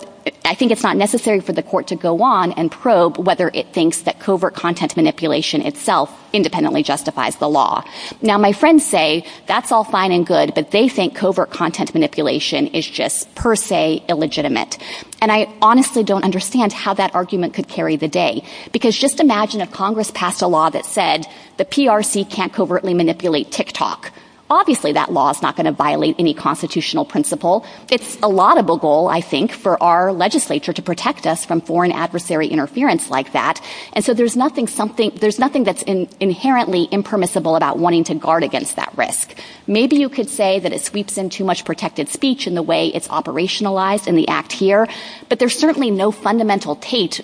I think it's not necessary for the court to go on and probe whether it thinks that covert content manipulation itself independently justifies the law. Now, my friends say that's all fine and good, but they think covert content manipulation is just per se illegitimate. And I honestly don't understand how that argument could carry the day. Because just imagine if Congress passed a law that said the PRC can't covertly manipulate TikTok. Obviously that law is not going to violate any constitutional principle. It's a laudable goal, I think, for our legislature to protect us from foreign adversary interference like that. And so there's nothing that's inherently impermissible about wanting to guard against that risk. Maybe you could say that it sweeps in too much protected speech in the way it's operationalized in the act here, but there's certainly no fundamental taint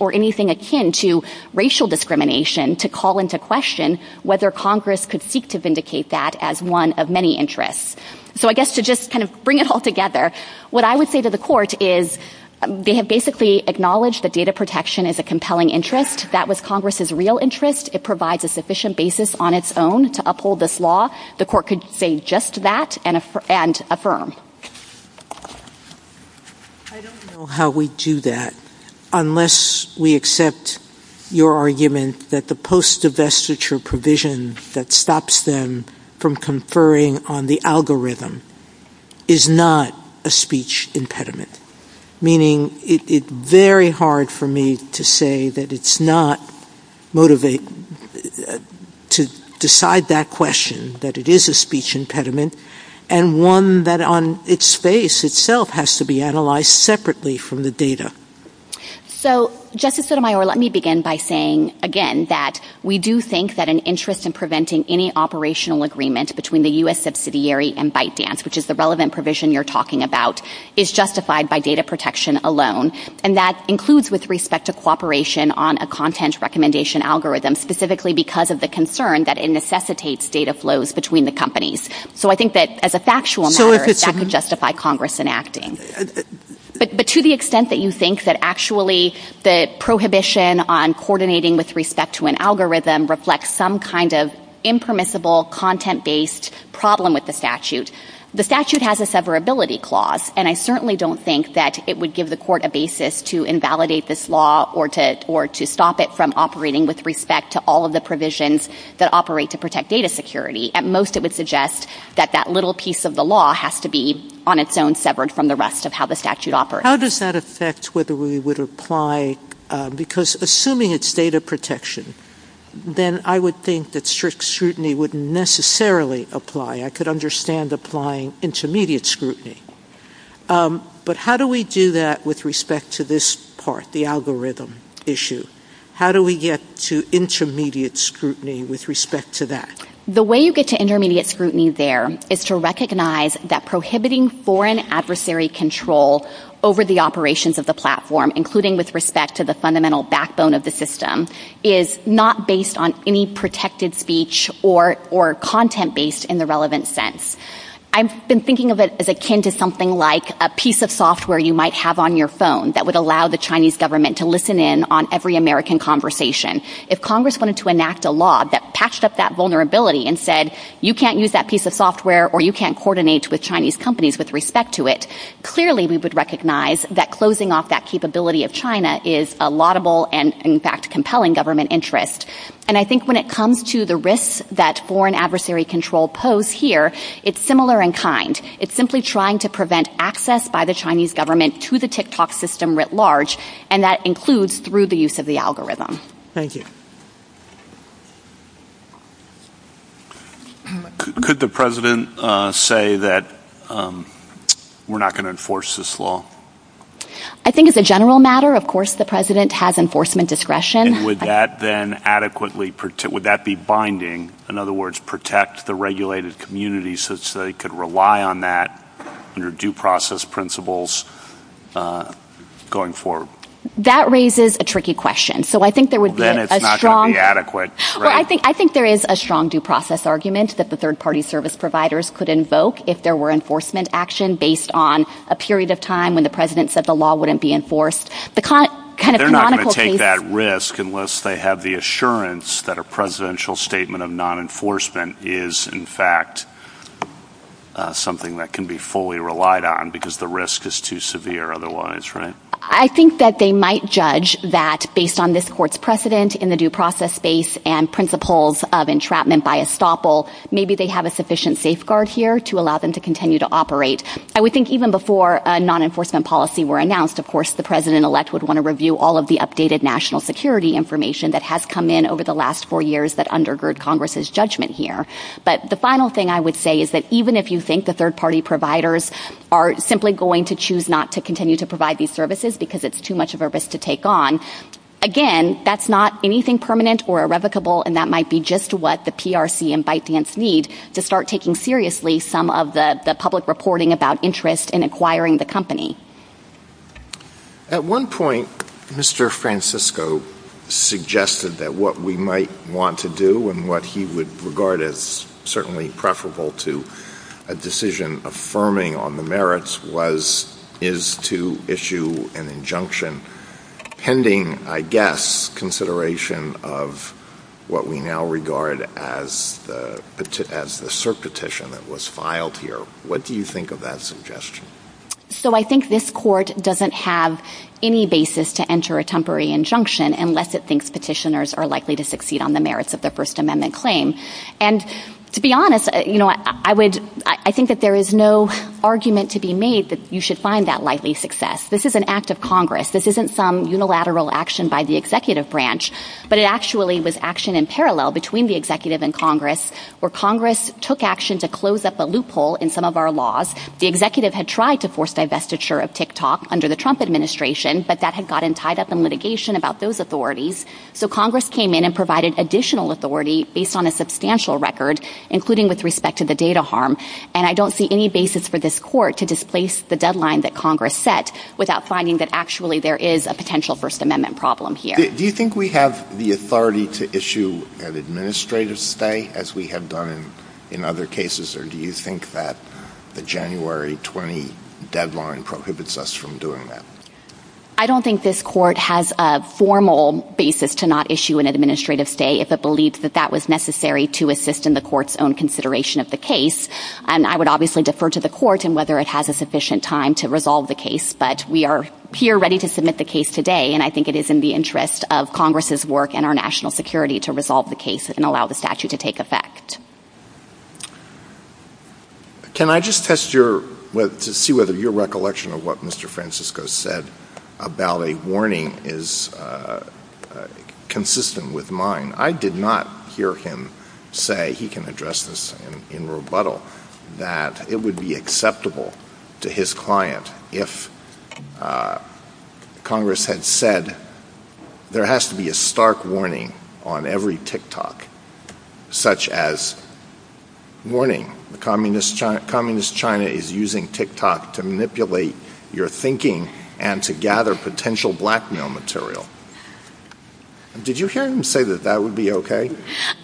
or anything akin to racial discrimination to call into question whether Congress could seek to vindicate that as one of many interests. So I guess to just kind of bring it all together, what I would say to the court is basically acknowledge that data protection is a compelling interest. That was Congress's real interest. It provides a sufficient basis on its own to uphold this law. The court could say just that and affirm. I don't know how we do that unless we accept your argument that the post-divestiture provision that stops them from conferring on the algorithm is not a speech impediment. Meaning it's very hard for me to say that it's not motivating to decide that question that it is a speech impediment and one that on its face itself has to be analyzed separately from the data. So, Justice Sotomayor, let me begin by saying again that we do think that an interest in preventing any operational agreement between the U.S. subsidiary and ByteDance, which is the relevant provision you're talking about, is justified by data protection alone. And that includes with respect to cooperation on a content recommendation algorithm, specifically because of the concern that it necessitates data flows between the companies. So I think that as a factual matter, that could justify Congress enacting. But to the extent that you think that actually the prohibition on coordinating with respect to an algorithm reflects some kind of impermissible content-based problem with the statute, the statute has a severability clause. And I certainly don't think that it would give the court a basis to invalidate this law or to stop it from operating with respect to all of the provisions that operate to protect data security. At most, it would suggest that that little piece of the law has to be on its own severed from the rest of how the statute operates. How does that affect whether we would apply? Because assuming it's data protection, then I would think that strict scrutiny wouldn't necessarily apply. I could understand applying intermediate scrutiny. But how do we do that with respect to this part, the algorithm issue? How do we get to intermediate scrutiny with respect to that? The way you get to intermediate scrutiny there is to recognize that prohibiting foreign adversary control over the operations of the platform, including with respect to the fundamental backbone of the system, is not based on any protected speech or content-based in the relevant sense. I've been thinking of it as akin to something like a piece of software you might have on your phone that would allow the Chinese government to listen in on every American conversation. If Congress wanted to enact a law that patched up that vulnerability and said, you can't use that piece of software or you can't coordinate with Chinese companies with respect to it, clearly we would recognize that closing off that capability of China is a laudable and in fact compelling government interest. And I think when it comes to the risks that foreign adversary control pose here, it's similar in kind. It's simply trying to prevent access by the Chinese government to the TikTok system writ large, and that includes through the use of the algorithm. Thank you. Could the President say that we're not going to enforce this law? I think as a general matter, of course the President has enforcement discretion. And would that then adequately, would that be binding? In other words, protect the regulated communities so they could rely on that under due process principles going forward? That raises a tricky question. Then it's not going to be adequate. I think there is a strong due process argument that the third party service providers could invoke if there were enforcement action based on a period of time when the President said the law wouldn't be enforced. They're not going to take that risk unless they have the assurance that a presidential statement of non-enforcement is in fact something that can be fully relied on because the risk is too severe otherwise, right? I think that they might judge that based on this court's precedent in the due process space and principles of entrapment by estoppel, maybe they have a sufficient safeguard here to allow them to continue to operate. I would think even before a non-enforcement policy were announced, of course the President-elect would want to review all of the updated national security information that has come in over the last four years that undergird Congress's judgment here. But the final thing I would say is that even if you think the third party providers are simply going to choose not to continue to provide these services because it's too much of a risk to take on, again, that's not anything permanent or irrevocable and that might be just what the PRC and ByteDance need to start taking seriously some of the public reporting about interest in acquiring the company. At one point, Mr. Francisco suggested that what we might want to do and what he would regard as certainly preferable to a decision affirming on the merits is to issue an injunction pending, I guess, consideration of what we now regard as the cert petition that was filed here. What do you think of that suggestion? So I think this court doesn't have any basis to enter a temporary injunction unless it And to be honest, I think that there is no argument to be made that you should find that likely success. This is an act of Congress. This isn't some unilateral action by the executive branch, but it actually was action in parallel between the executive and Congress where Congress took action to close up a loophole in some of our laws. The executive had tried to force divestiture of TikTok under the Trump administration, but that had gotten tied up in litigation about those authorities. So Congress came in and provided additional authority based on a substantial record, including with respect to the data harm. And I don't see any basis for this court to displace the deadline that Congress set without finding that actually there is a potential First Amendment problem here. Do you think we have the authority to issue an administrative stay as we have done in other cases? Or do you think that the January 20 deadline prohibits us from doing that? I don't think this court has a formal basis to not issue an administrative stay if it believes that that was necessary to assist in the court's own consideration of the case. And I would obviously defer to the court and whether it has a sufficient time to resolve the case. But we are here ready to submit the case today. And I think it is in the interest of Congress's work and our national security to resolve the case and allow the statute to take effect. Can I just test to see whether your recollection of what Mr. Francisco said about a warning is consistent with mine? I did not hear him say he can address this in rebuttal, that it would be acceptable to his client if Congress had said there has to be a stark warning on every TikTok, such as, warning, communist China is using TikTok to manipulate your thinking and to gather potential blackmail material. Did you hear him say that that would be okay?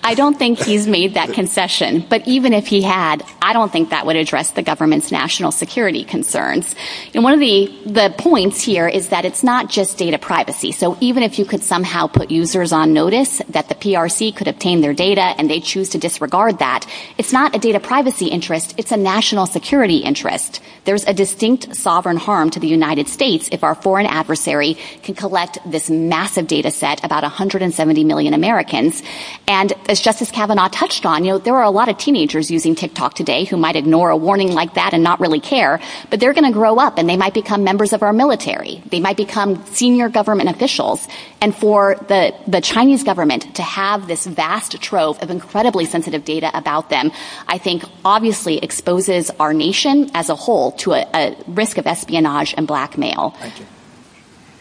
I don't think he's made that concession. But even if he had, I don't think that would address the government's national security concerns. And one of the points here is that it's not just data privacy. So even if you could somehow put users on notice that the PRC could obtain their data and they choose to disregard that, it's not a data privacy interest. It's a national security interest. There's a distinct sovereign harm to the United States if our foreign adversary can collect this massive data set, about 170 million Americans. And as Justice Kavanaugh touched on, there are a lot of teenagers using TikTok today who might ignore a warning like that and not really care, but they're going to grow up and they might become members of our military. They might become senior government officials. And for the Chinese government to have this vast trove of incredibly sensitive data about them, I think obviously exposes our nation as a whole to a risk of espionage and blackmail.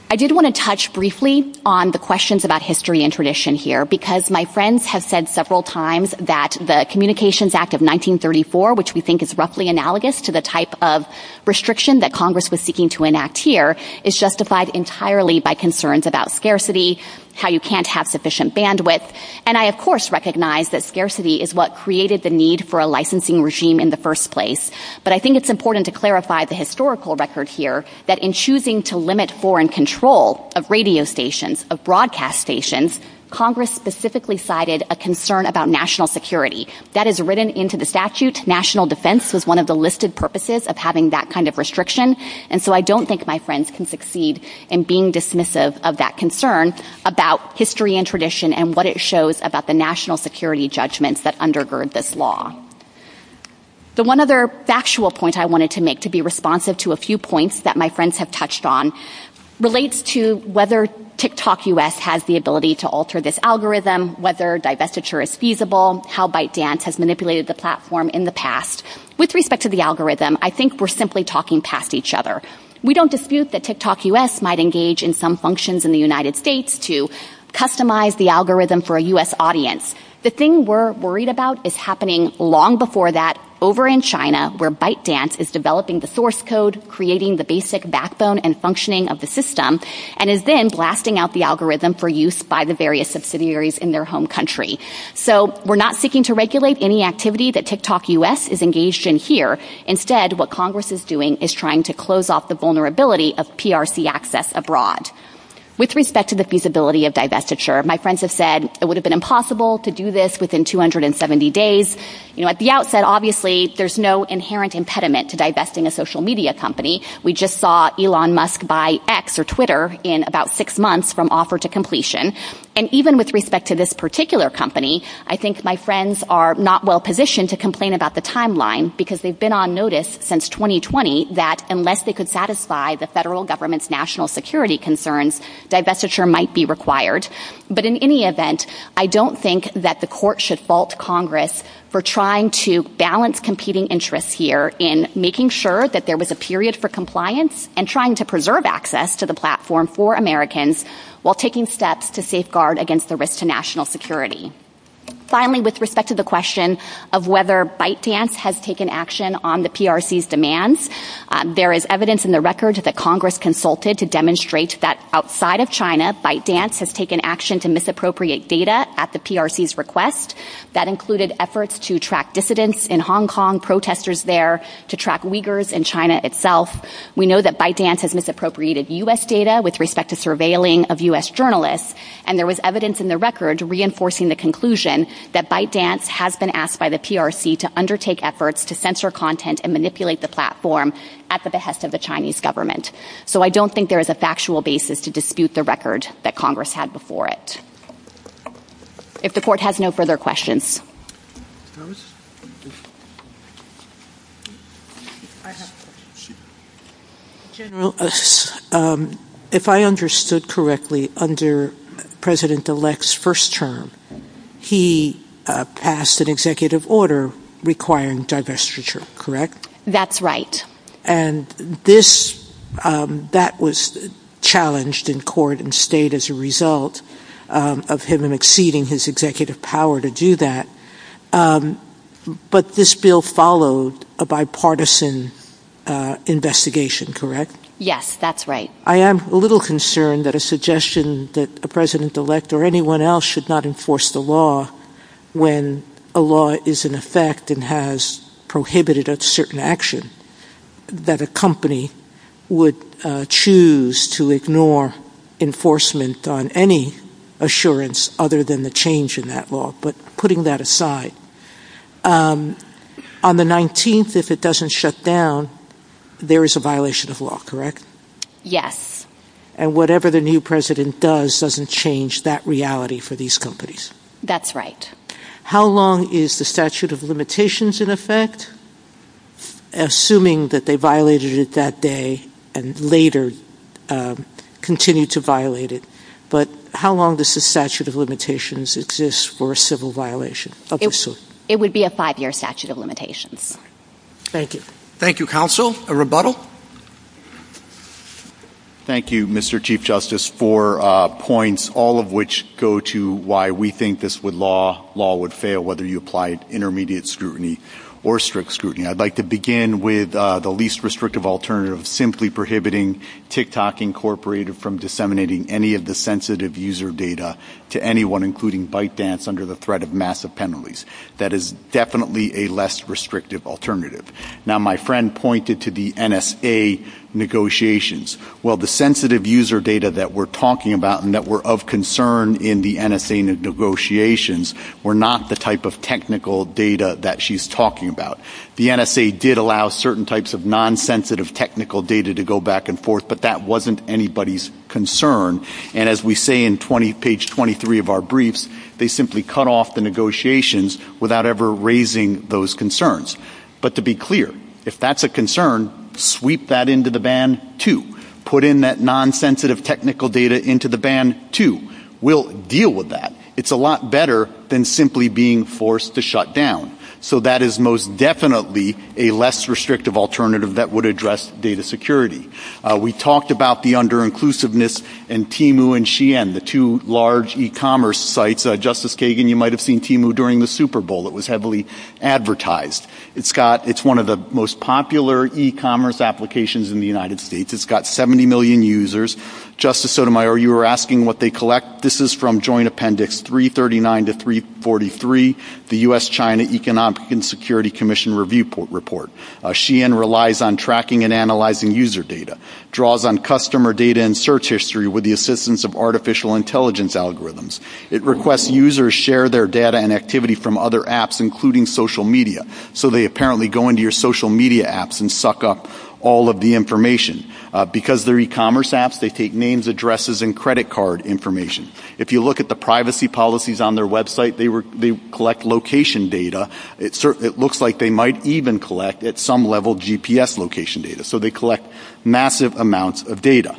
I did want to touch briefly on the questions about history and tradition here, because my friends have said several times that the Communications Act of 1934, which we think is roughly analogous to the type of restriction that Congress was seeking to enact here, is justified entirely by concerns about scarcity, how you can't have sufficient bandwidth. And I, of course, recognize that scarcity is what created the need for a licensing regime in the first place. But I think it's important to clarify the historical record here that in choosing to limit foreign control of radio stations, of broadcast stations, Congress specifically cited a concern about national security. That is written into the statute. National defense was one of the listed purposes of having that kind of restriction. And so I don't think my friends can succeed in being dismissive of that concern about history and tradition and what it shows about the national security judgments that undergird this law. The one other factual point I wanted to make to be responsive to a few points that my friends have touched on relates to whether TikTok US has the ability to alter this algorithm, whether divestiture is feasible, how ByteDance has manipulated the platform in the past. With respect to the algorithm, I think we're simply talking past each other. We don't dispute that TikTok US might engage in some functions in the United States to customize the algorithm for a US audience. The thing we're worried about is happening long before that over in China where ByteDance is developing the source code, creating the basic backbone and functioning of the system, and is then blasting out the algorithm for use by the various subsidiaries in their home country. So we're not seeking to regulate any activity that TikTok US is engaged in here. Instead, what Congress is doing is trying to close off the vulnerability of PRC access abroad. With respect to the feasibility of divestiture, my friends have said it would have been impossible to do this within 270 days. At the outset, obviously, there's no inherent impediment to divesting a social media company. We just saw Elon Musk buy X or Twitter in about six months from offer to completion. And even with respect to this particular company, I think my friends are not well positioned to complain about the timeline because they've been on notice since 2020 that unless they could satisfy the federal government's national security concerns, divestiture might be required. But in any event, I don't think that the court should fault Congress for trying to balance competing interests here in making sure that there was a period for compliance and trying to preserve access to the platform for Americans while taking steps to safeguard against the risk to national security. Finally, with respect to the question of whether ByteDance has taken action on the PRC's demands, there is evidence in the record that Congress consulted to demonstrate that outside of China, ByteDance has taken action to misappropriate data at the PRC's request. That included efforts to track dissidents in Hong Kong, protesters there, to track Uyghurs in China itself. We know that ByteDance has misappropriated U.S. data with respect to surveilling of U.S. journalists, and there was evidence in the record reinforcing the conclusion that ByteDance has been asked by the PRC to undertake efforts to censor content and manipulate the platform at the behest of the Chinese government. So I don't think there is a factual basis to dispute the record that Congress had before it. If the court has no further questions. General, if I understood correctly, under President-elect's first term, he passed an executive order requiring divestiture, correct? That's right. And that was challenged in court and stayed as a result of him exceeding his executive power to do that. But this bill followed a bipartisan investigation, correct? Yes, that's right. I am a little concerned that a suggestion that a president-elect or anyone else should not enforce the law when a law is in effect and has prohibited a certain action, that a company would choose to ignore enforcement on any assurance other than the change in that law, but putting that aside, on the 19th, if it doesn't shut down, there is a violation of law, correct? Yes. And whatever the new president does doesn't change that reality for these companies. That's right. How long is the statute of limitations in effect, assuming that they violated it that later continued to violate it? But how long does the statute of limitations exist for a civil violation? It would be a five-year statute of limitations. Thank you. Thank you, counsel. A rebuttal? Thank you, Mr. Chief Justice, for points, all of which go to why we think this law would fail, whether you applied intermediate scrutiny or strict scrutiny. I'd like to begin with the least restrictive alternative, simply prohibiting TikTok Incorporated from disseminating any of the sensitive user data to anyone, including ByteDance, under the threat of massive penalties. That is definitely a less restrictive alternative. Now, my friend pointed to the NSA negotiations. Well, the sensitive user data that we're talking about and that were of concern in the NSA negotiations were not the type of technical data that she's talking about. The NSA did allow certain types of non-sensitive technical data to go back and forth, but that wasn't anybody's concern. And as we say in page 23 of our briefs, they simply cut off the negotiations without ever raising those concerns. But to be clear, if that's a concern, sweep that into the ban, too. Put in that non-sensitive technical data into the ban, too. We'll deal with that. It's a lot better than simply being forced to shut down. So that is most definitely a less restrictive alternative that would address data security. We talked about the under-inclusiveness in Timu and Xi'an, the two large e-commerce sites. Justice Kagan, you might have seen Timu during the Super Bowl. It was heavily advertised. It's one of the most popular e-commerce applications in the United States. It's got 70 million users. Justice Sotomayor, you were asking what they collect. This is from Joint Appendix 339 to 343. The U.S.-China Economic and Security Commission Review Report. Xi'an relies on tracking and analyzing user data, draws on customer data and search history with the assistance of artificial intelligence algorithms. It requests users share their data and activity from other apps, including social media. So they apparently go into your social media apps and suck up all of the information. Because they're e-commerce apps, they take names, addresses, and credit card information. If you look at the privacy policies on their website, they collect location data. It looks like they might even collect, at some level, GPS location data. So they collect massive amounts of data.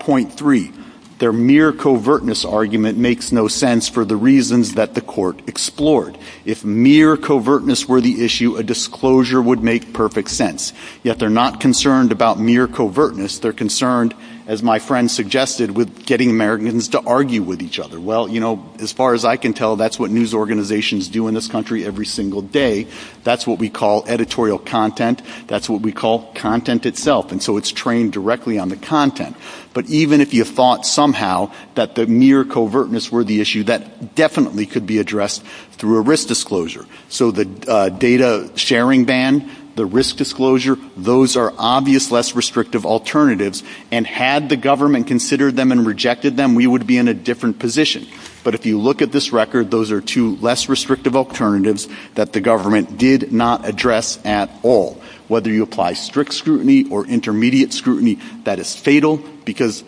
Point three, their mere covertness argument makes no sense for the reasons that the court explored. If mere covertness were the issue, a disclosure would make perfect sense. Yet they're not concerned about mere covertness. They're concerned, as my friend suggested, with getting Americans to argue with each other. Well, you know, as far as I can tell, that's what news organizations do in this country every single day. That's what we call editorial content. That's what we call content itself. And so it's trained directly on the content. But even if you thought somehow that the mere covertness were the issue, that definitely could be addressed through a risk disclosure. So the data sharing ban, the risk disclosure, those are obvious less restrictive alternatives. And had the government considered them and rejected them, we would be in a different position. But if you look at this record, those are two less restrictive alternatives that the government did not address at all. Whether you apply strict scrutiny or intermediate scrutiny, that is fatal, because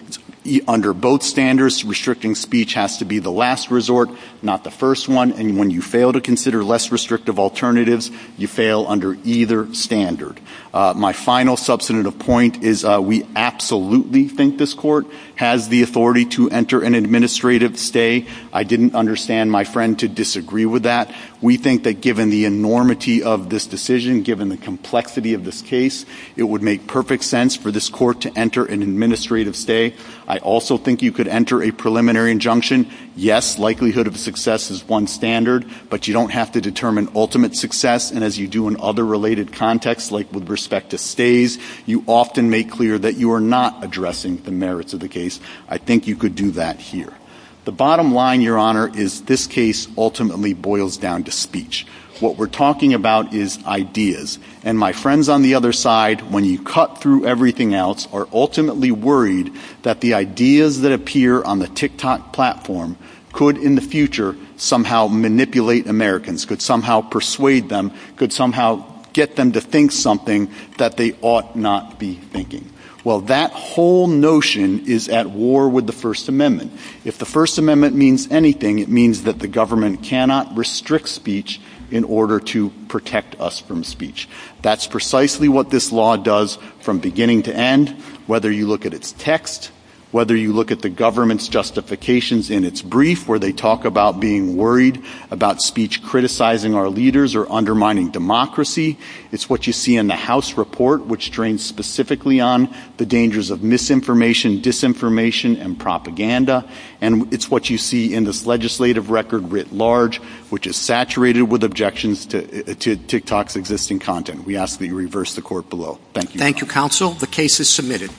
under both standards, restricting speech has to be the last resort, not the first one. And when you fail to consider less restrictive alternatives, you fail under either standard. My final substantive point is we absolutely think this court has the authority to enter an administrative stay. I didn't understand my friend to disagree with that. We think that given the enormity of this decision, given the complexity of this case, it would make perfect sense for this court to enter an administrative stay. I also think you could enter a preliminary injunction. Yes, likelihood of success is one standard, but you don't have to determine ultimate success. And as you do in other related contexts, like with respect to stays, you often make clear that you are not addressing the merits of the case. I think you could do that here. The bottom line, Your Honor, is this case ultimately boils down to speech. What we're talking about is ideas. And my friends on the other side, when you cut through everything else, are ultimately worried that the ideas that appear on the TikTok platform could, in the future, somehow manipulate Americans, could somehow persuade them, could somehow get them to think something that they ought not be thinking. Well, that whole notion is at war with the First Amendment. If the First Amendment means anything, it means that the government cannot restrict speech in order to protect us from speech. That's precisely what this law does from beginning to end, whether you look at its text, whether you look at the government's justifications in its brief, where they talk about being worried about speech criticizing our leaders or undermining democracy. It's what you see in the House report, which trains specifically on the dangers of misinformation, disinformation, and propaganda. And it's what you see in this legislative record writ large, which is saturated with objections to TikTok's existing content. We ask that you reverse the court below. Thank you. Thank you, counsel. The case is submitted.